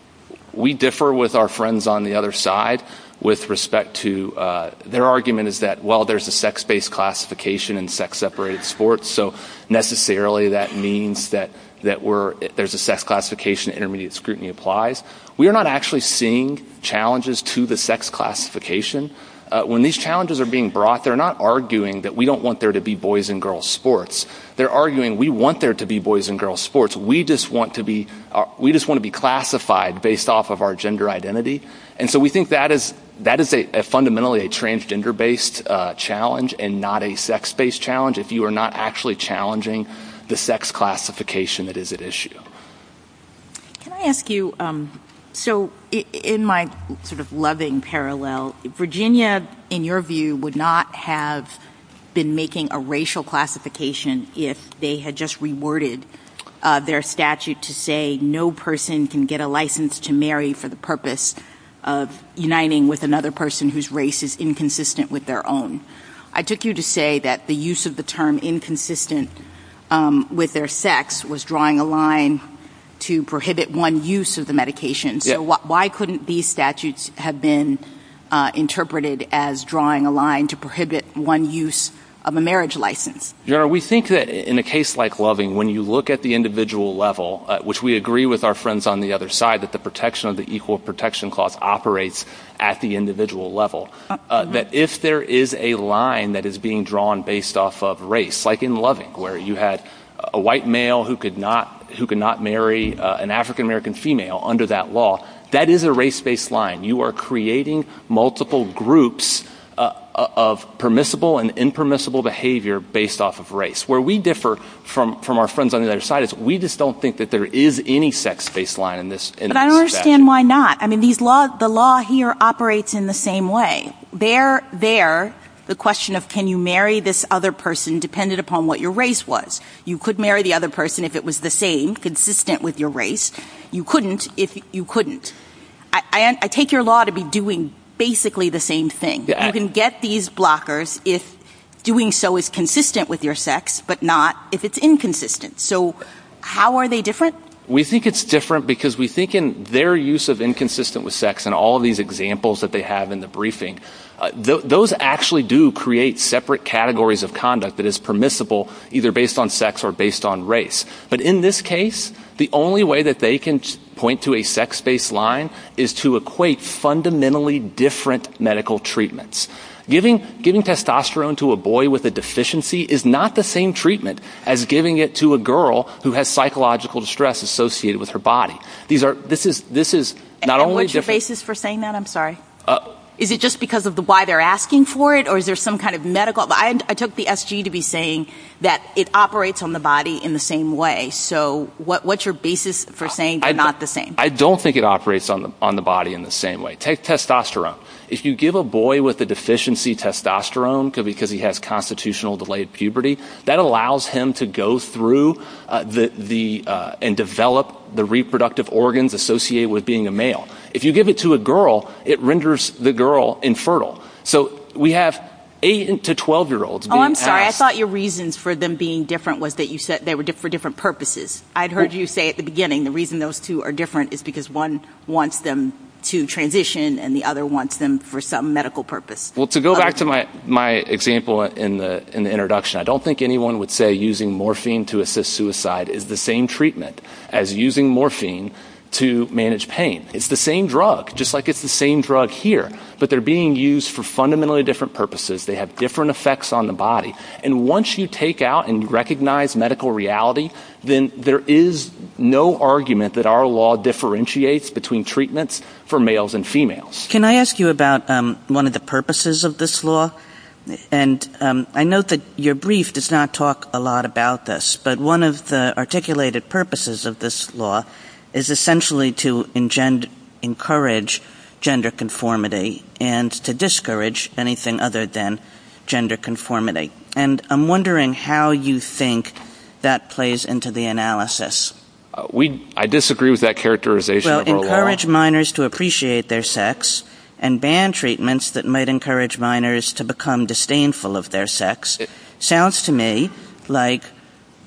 – we differ with our friends on the other side with respect to – their argument is that, well, there's a sex-based classification in sex-separated sports, so necessarily that means that we're – there's a sex classification, intermediate scrutiny applies. We are not actually seeing challenges to the sex classification. When these challenges are being brought, they're not arguing that we don't want there to be boys' and girls' sports. They're arguing we want there to be boys' and girls' sports. We just want to be classified based off of our gender identity. And so we think that is fundamentally a transgender-based challenge and not a sex-based challenge if you are not actually challenging the sex classification that is at issue. OPERATOR Can I ask you – so in my sort of loving parallel, Virginia, in your view, would not have been making a racial classification if they had just reworded their statute to say no person can get a license to marry for the purpose of uniting with another person whose race is inconsistent with their own. I took you to say that the use of the term inconsistent with their sex was drawing a line to prohibit one use of the medication. So why couldn't these statutes have been interpreted as drawing a line to prohibit one use of a marriage license? MR. BARTON We think that in a case like loving, when you look at the individual level, which we agree with our friends on the other side that the equal protection clause operates at the individual level, that if there is a line that is being drawn based off of race, like in loving where you had a white male who could not marry an African-American female under that law, that is a race-based line. You are creating multiple groups of permissible and impermissible behavior based off of race. Where we differ from our friends on the other side is we just don't think that there is any sex-based line in this. MS. BARTON I understand why not. The law here operates in the same way. There, the question of can you marry this other person depended upon what your race was. You could marry the other person if it was the same, consistent with your race. You couldn't if you couldn't. I take your law to be doing basically the same thing. You can get these blockers if doing so is consistent with your sex, but not if it's inconsistent. So how are they different? MR. BARTON Their use of inconsistent with sex and all these examples that they have in the briefing, those actually do create separate categories of conduct that is permissible either based on sex or based on race. But in this case, the only way that they can point to a sex-based line is to equate fundamentally different medical treatments. Giving testosterone to a boy with a deficiency is not the same treatment as giving it to a girl who has psychological distress associated with her body. These are, this is, this is not only different. PEARSON And what's your basis for saying that? I'm sorry. Is it just because of why they're asking for it or is there some kind of medical, I took the SG to be saying that it operates on the body in the same way. So what's your basis for saying they're not the same? BARTON I don't think it operates on the body in the same way. Testosterone. If you give a boy with a deficiency testosterone because he has constitutional delayed puberty, that allows him to go through and develop the reproductive organs associated with being a male. If you give it to a girl, it renders the girl infertile. So we have 8 to 12-year-olds. PEARSON Oh, I'm sorry. I thought your reasons for them being different was that you said they were for different purposes. I'd heard you say at the beginning the reason those two are different is because one wants them to transition and the other wants them for some medical purpose. To go back to my example in the introduction, I don't think anyone would say using morphine to assist suicide is the same treatment as using morphine to manage pain. It's the same drug, just like it's the same drug here, but they're being used for fundamentally different purposes. They have different effects on the body. And once you take out and recognize medical reality, then there is no argument that our law differentiates between treatments for males and females. Can I ask you about one of the purposes of this law? And I note that your brief does not talk a lot about this, but one of the articulated purposes of this law is essentially to encourage gender conformity and to discourage anything other than gender conformity. And I'm wondering how you think that plays into the analysis. I disagree with that characterization. Encourage minors to appreciate their sex and ban treatments that might encourage minors to become disdainful of their sex sounds to me like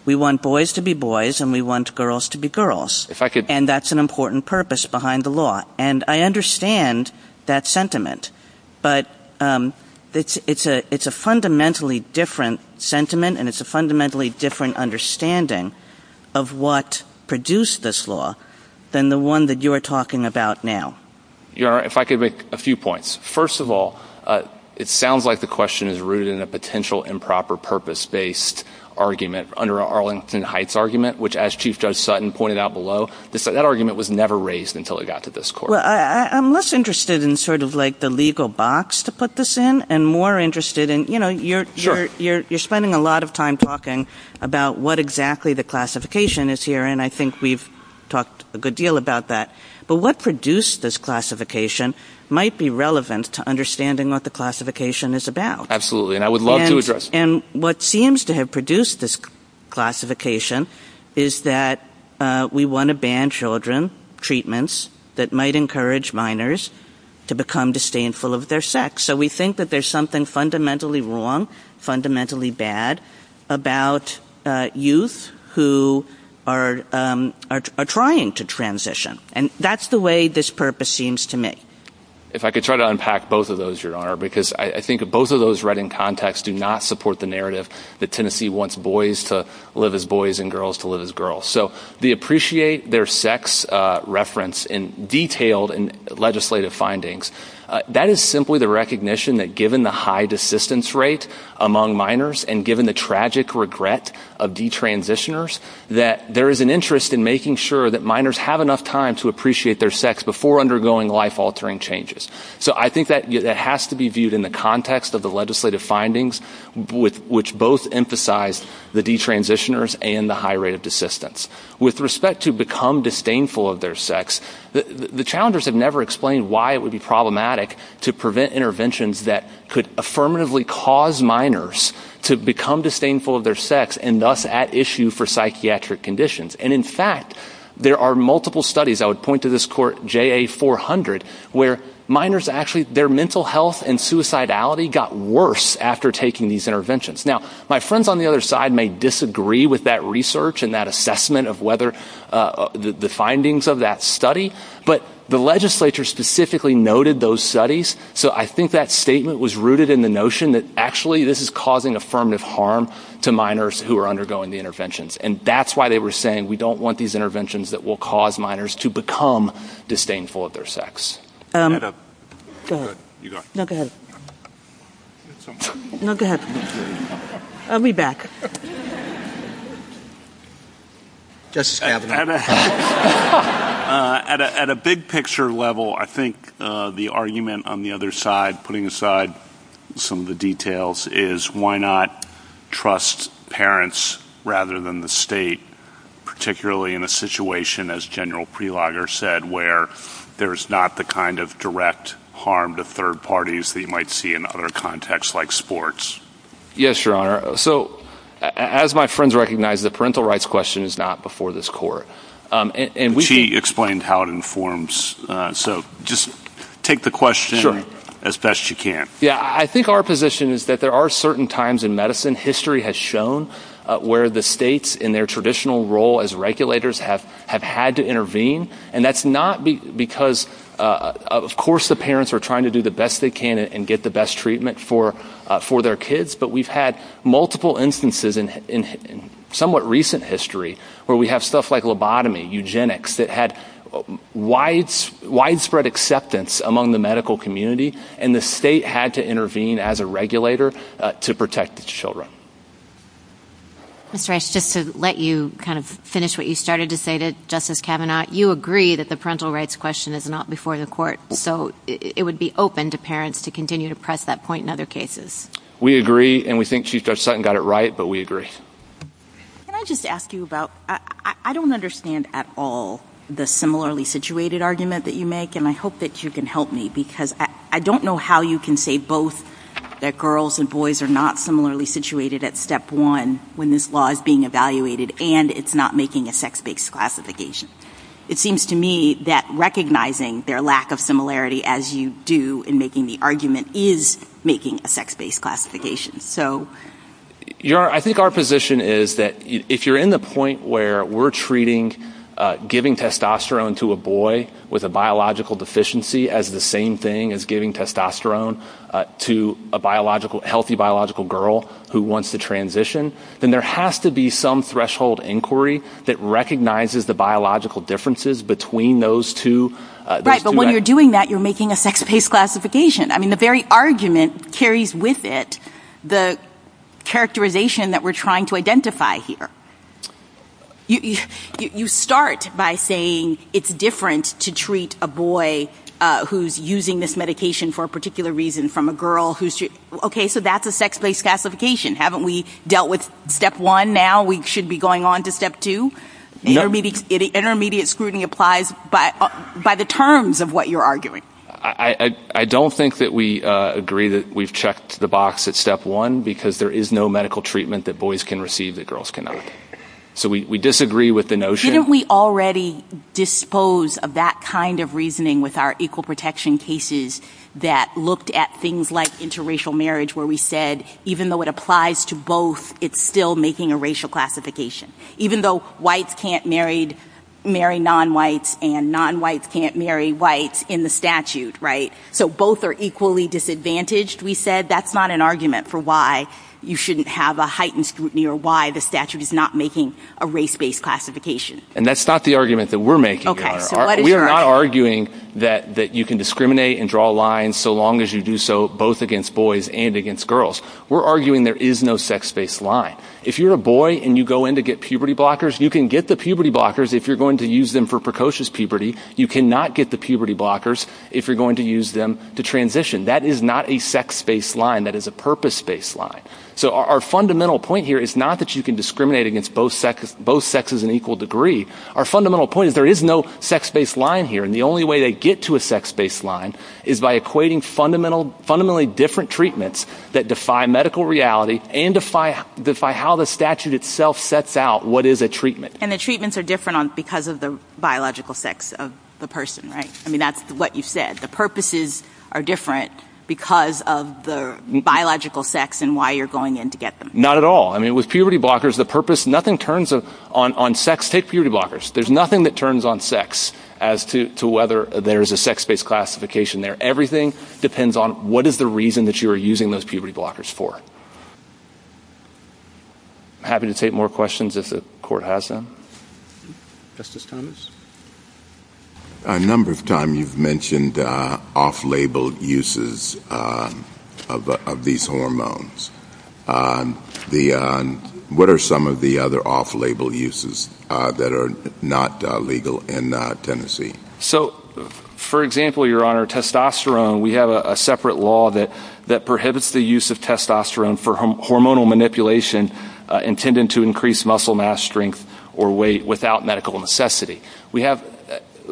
we want boys to be boys and we want girls to be girls. And that's an important purpose behind the law. And I understand that sentiment, but it's a fundamentally different sentiment and it's produced this law than the one that you're talking about now. Your Honor, if I could make a few points. First of all, it sounds like the question is rooted in a potential improper purpose based argument under Arlington Heights argument, which as Chief Judge Sutton pointed out below, that argument was never raised until it got to this court. Well, I'm less interested in sort of like the legal box to put this in and more interested in, you know, you're spending a lot of time talking about what exactly the classification is here and I think we've talked a good deal about that. But what produced this classification might be relevant to understanding what the classification is about. And I would love to address. And what seems to have produced this classification is that we want to ban children treatments that might encourage minors to become disdainful of their sex. So we think that there's something fundamentally wrong, fundamentally bad about youth who are trying to transition. And that's the way this purpose seems to me. If I could try to unpack both of those, Your Honor, because I think both of those right in context do not support the narrative that Tennessee wants boys to live as boys and girls to live as girls. So the appreciate their sex reference in detailed and legislative findings, that is simply the recognition that given the high desistance rate among minors and given the tragic regret of detransitioners, that there is an interest in making sure that minors have enough time to appreciate their sex before undergoing life altering changes. So I think that has to be viewed in the context of the legislative findings, which both emphasize the detransitioners and the high rate of desistance. With respect to become disdainful of their sex, the challengers have never explained why it would be problematic to prevent interventions that could affirmatively cause minors to become disdainful of their sex and thus at issue for psychiatric conditions. And in fact, there are multiple studies, I would point to this court JA400, where minors actually their mental health and suicidality got worse after taking these interventions. Now, my friends on the other side may disagree with that research and that assessment of whether the findings of that study, but the legislature specifically noted those studies. So I think that statement was rooted in the notion that actually this is causing affirmative harm to minors who are undergoing the interventions. And that's why they were saying, we don't want these interventions that will cause minors to become disdainful of their sex. Go ahead. No, go ahead. No, go ahead. I'll be back. Justice Kavanaugh. At a big picture level, I think the argument on the other side, putting aside some of the trust parents rather than the state, particularly in a situation, as General Prelogger said, where there is not the kind of direct harm to third parties that you might see in other contexts like sports. Yes, Your Honor. So as my friends recognize, the parental rights question is not before this court. She explained how it informs. So just take the question as best you can. I think our position is that there are certain times in medicine, history has shown, where the states in their traditional role as regulators have had to intervene. And that's not because, of course, the parents are trying to do the best they can and get the best treatment for their kids. But we've had multiple instances in somewhat recent history where we have stuff like lobotomy, eugenics, that had widespread acceptance among the medical community. And the state had to intervene as a regulator to protect its children. Mr. Reich, just to let you kind of finish what you started to say to Justice Kavanaugh, you agree that the parental rights question is not before the court. So it would be open to parents to continue to press that point in other cases. We agree. And we think Chief Judge Sutton got it right. But we agree. Can I just ask you about, I don't understand at all the similarly situated argument that you make. And I hope that you can help me because I don't know how you can say both that girls and boys are not similarly situated at step one when this law is being evaluated and it's not making a sex-based classification. It seems to me that recognizing their lack of similarity as you do in making the argument is making a sex-based classification. I think our position is that if you're in the point where we're treating giving testosterone to a boy with a biological deficiency as the same thing as giving testosterone to a healthy biological girl who wants to transition, then there has to be some threshold inquiry that recognizes the biological differences between those two. Right. But when you're doing that, you're making a sex-based classification. I mean, the very argument carries with it the characterization that we're trying to identify here. You start by saying it's different to treat a boy who's using this medication for a particular reason from a girl who's, okay, so that's a sex-based classification. Haven't we dealt with step one now? We should be going on to step two. The intermediate scrutiny applies by the terms of what you're arguing. I don't think that we agree that we've checked the box at step one because there is no treatment that boys can receive that girls cannot. So we disagree with the notion. Didn't we already dispose of that kind of reasoning with our equal protection cases that looked at things like interracial marriage where we said even though it applies to both, it's still making a racial classification. Even though whites can't marry non-whites and non-whites can't marry whites in the statute, right? So both are equally disadvantaged. We said that's not an argument for why you shouldn't have a heightened scrutiny or why the statute is not making a race-based classification. And that's not the argument that we're making. We're not arguing that you can discriminate and draw lines so long as you do so both against boys and against girls. We're arguing there is no sex-based line. If you're a boy and you go in to get puberty blockers, you can get the puberty blockers if you're going to use them for precocious puberty. You cannot get the puberty blockers if you're going to use them to transition. That is not a sex-based line. That is a purpose-based line. So our fundamental point here is not that you can discriminate against both sexes in equal degree. Our fundamental point is there is no sex-based line here, and the only way they get to a sex-based line is by equating fundamentally different treatments that defy medical reality and defy how the statute itself sets out what is a treatment. And the treatments are different because of the biological sex of the person, right? I mean, that's what you said. The purposes are different because of the biological sex and why you're going in to get them. Not at all. I mean, with puberty blockers, the purpose, nothing turns on sex. Take puberty blockers. There's nothing that turns on sex as to whether there is a sex-based classification there. Everything depends on what is the reason that you are using those puberty blockers for. I'm happy to take more questions if the Court has them. Justice Thomas? A number of times you've mentioned off-labeled uses of these hormones. What are some of the other off-label uses that are not legal in Tennessee? So, for example, Your Honor, testosterone, we have a separate law that prohibits the use of testosterone for hormonal manipulation intended to increase muscle mass, strength, or weight without medical necessity. We have,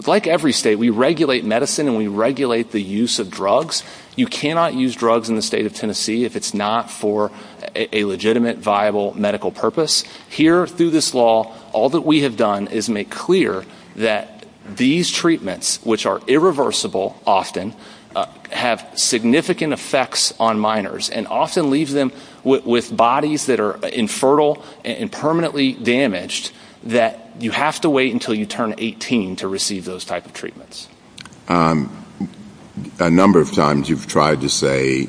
like every state, we regulate medicine and we regulate the use of drugs. You cannot use drugs in the state of Tennessee if it's not for a legitimate, viable medical purpose. Here, through this law, all that we have done is make clear that these treatments, which are irreversible often, have significant effects on minors and often leave them with bodies that are infertile and permanently damaged, that you have to wait until you turn 18 to receive those types of treatments. A number of times you've tried to say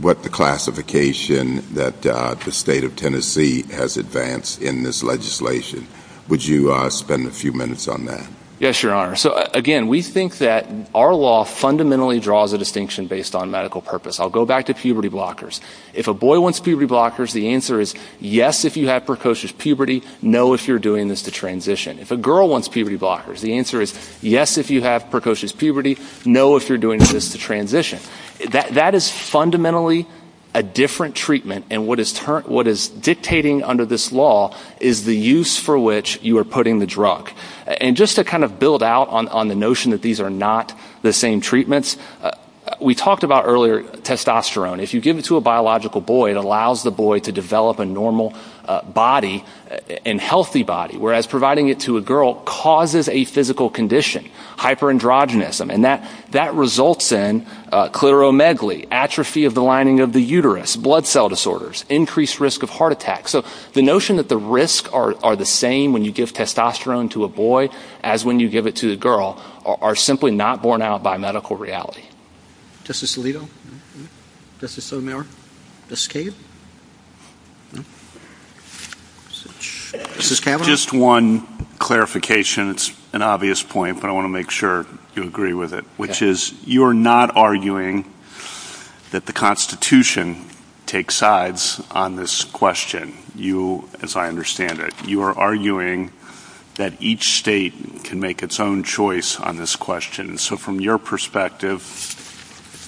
what the classification that the state of Tennessee has advanced in this legislation. Would you spend a few minutes on that? Yes, Your Honor. So, again, we think that our law fundamentally draws a distinction based on medical purpose. I'll go back to puberty blockers. If a boy wants puberty blockers, the answer is yes, if you have precocious puberty, no, if you're doing this to transition. If a girl wants puberty blockers, the answer is yes, if you have precocious puberty, no, if you're doing this to transition. That is fundamentally a different treatment and what is dictating under this law is the use for which you are putting the drug. And just to kind of build out on the notion that these are not the same treatments, we talked about earlier testosterone. If you give it to a biological boy, it allows the boy to develop a normal body, a healthy body, whereas providing it to a girl causes a physical condition, hyperandrogenism. And that results in clitoromegaly, atrophy of the lining of the uterus, blood cell disorders, increased risk of heart attack. So the notion that the risks are the same when you give testosterone to a boy as when you give it to a girl are simply not borne out by medical reality. Justice Alito? Justice O'Meara? Justice Cave? Justice Cameron? Just one clarification. It's an obvious point, but I want to make sure you agree with it, which is you are not arguing that the Constitution takes sides on this question, as I understand it. You are arguing that each state can make its own choice on this question. So from your perspective,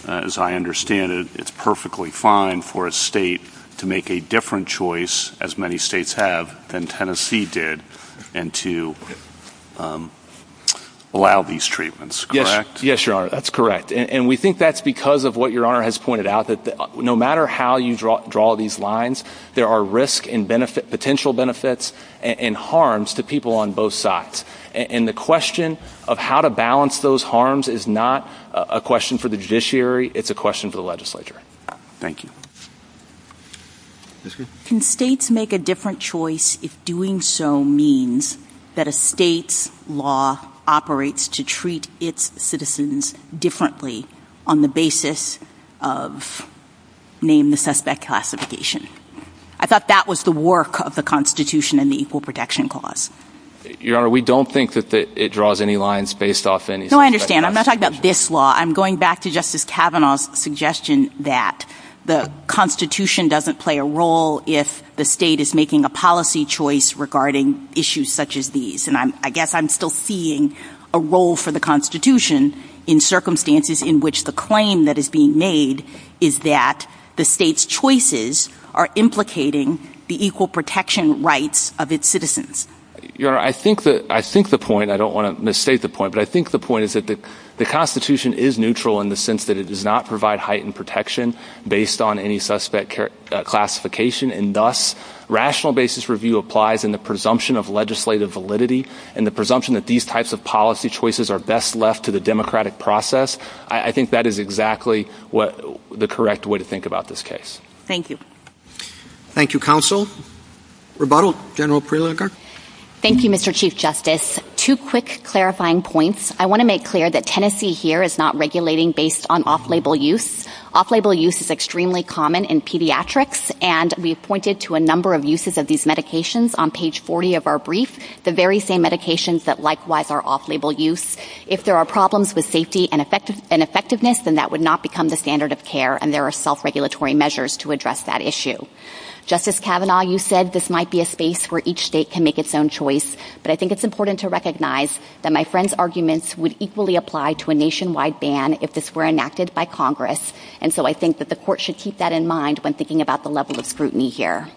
as I understand it, it's perfectly fine for a state to make a different choice, as many states have, than Tennessee did, and to allow these treatments, correct? Yes, Your Honor, that's correct. And we think that's because of what Your Honor has pointed out, that no matter how you draw these lines, there are risks and potential benefits and harms to people on both sides. And the question of how to balance those harms is not a question for the judiciary, it's a question for the legislature. Thank you. Can states make a different choice if doing so means that a state's law operates to treat its citizens differently on the basis of, name the suspect classification? I thought that was the work of the Constitution and the Equal Protection Clause. Your Honor, we don't think that it draws any lines based off anything. No, I understand. I'm not talking about this law. I'm going back to Justice Kavanaugh's suggestion that the Constitution doesn't play a role if the state is making a policy choice regarding issues such as these. And I guess I'm still seeing a role for the Constitution in circumstances in which the claim that is being made is that the state's choices are implicating the equal protection rights of its citizens. Your Honor, I think the point, I don't want to misstate the point, but I think the point is that the Constitution is neutral in the sense that it does not provide heightened protection based on any suspect classification. And thus, rational basis review applies in the presumption of legislative validity and the presumption that these types of policy choices are best left to the democratic process. I think that is exactly what the correct way to think about this case. Thank you. Thank you, Counsel. Rebuttal, General Prelinger. Thank you, Mr. Chief Justice. Two quick clarifying points. I want to make clear that Tennessee here is not regulating based on off-label use. Off-label use is extremely common in pediatrics, and we have pointed to a number of uses of these medications on page 40 of our brief, the very same medications that likewise are off-label use. If there are problems with safety and effectiveness, then that would not become the standard of care, and there are self-regulatory measures to address that issue. Justice Kavanaugh, you said this might be a space where each state can make its own choice, but I think it's important to recognize that my friend's arguments would equally apply to a nationwide ban if this were enacted by Congress, and so I think that the court should keep that in mind when thinking about the level of scrutiny here.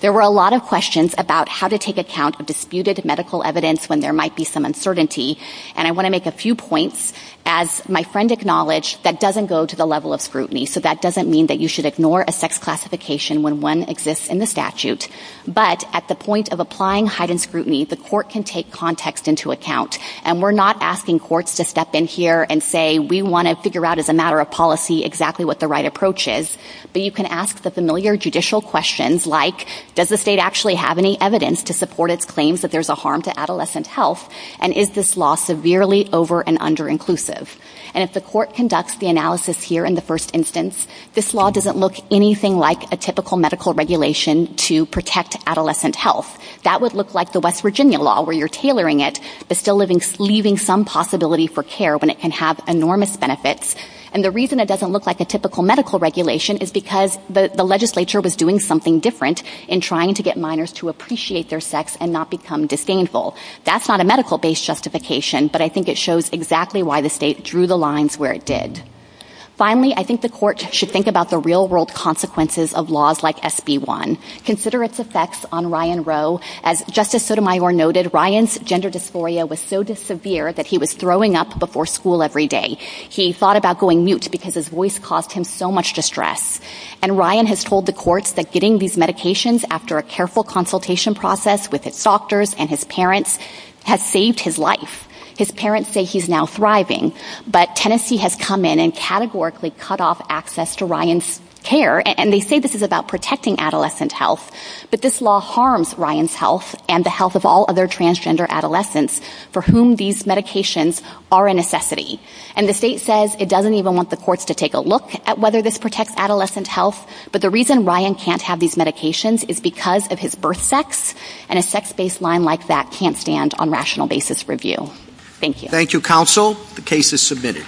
There were a lot of questions about how to take account of disputed medical evidence when there might be some uncertainty, and I want to make a few points. As my friend acknowledged, that doesn't go to the level of scrutiny, so that doesn't mean that you should ignore a sex classification when one exists in the statute, but at the point of applying heightened scrutiny, the court can take context into account, and we're not asking courts to step in here and say, we want to figure out as a matter of policy exactly what the right approach is, but you can ask the familiar judicial questions like, does the state actually have any evidence to support its claims that there's a harm to adolescent health, and is this law severely over- and under-inclusive? And if the court conducts the analysis here in the first instance, this law doesn't look anything like a typical medical regulation to protect adolescent health. That would look like the West Virginia law, where you're tailoring it, but still leaving some possibility for care when it can have enormous benefits, and the reason it doesn't look like a typical medical regulation is because the legislature was doing something different in trying to get minors to appreciate their sex and not become disdainful. That's not a medical-based justification, but I think it shows exactly why the state drew the lines where it did. Finally, I think the court should think about the real-world consequences of laws like SB-1. Consider its effects on Ryan Rowe. As Justice Sotomayor noted, Ryan's gender dysphoria was so severe that he was throwing up before school every day. He thought about going mute because his voice caused him so much distress, and Ryan has told the courts that getting these medications after a careful consultation process with doctors and his parents has saved his life. His parents say he's now thriving, but Tennessee has come in and categorically cut off access to Ryan's care, and they say this is about protecting adolescent health, but this law harms Ryan's health and the health of all other transgender adolescents for whom these medications are a necessity, and the state says it doesn't even want the courts to take a look at whether this protects adolescent health, but the reason Ryan can't have these medications is because of his birth sex, and a sex-based line like that can't stand on rational basis review. Thank you. Thank you, counsel. The case is submitted.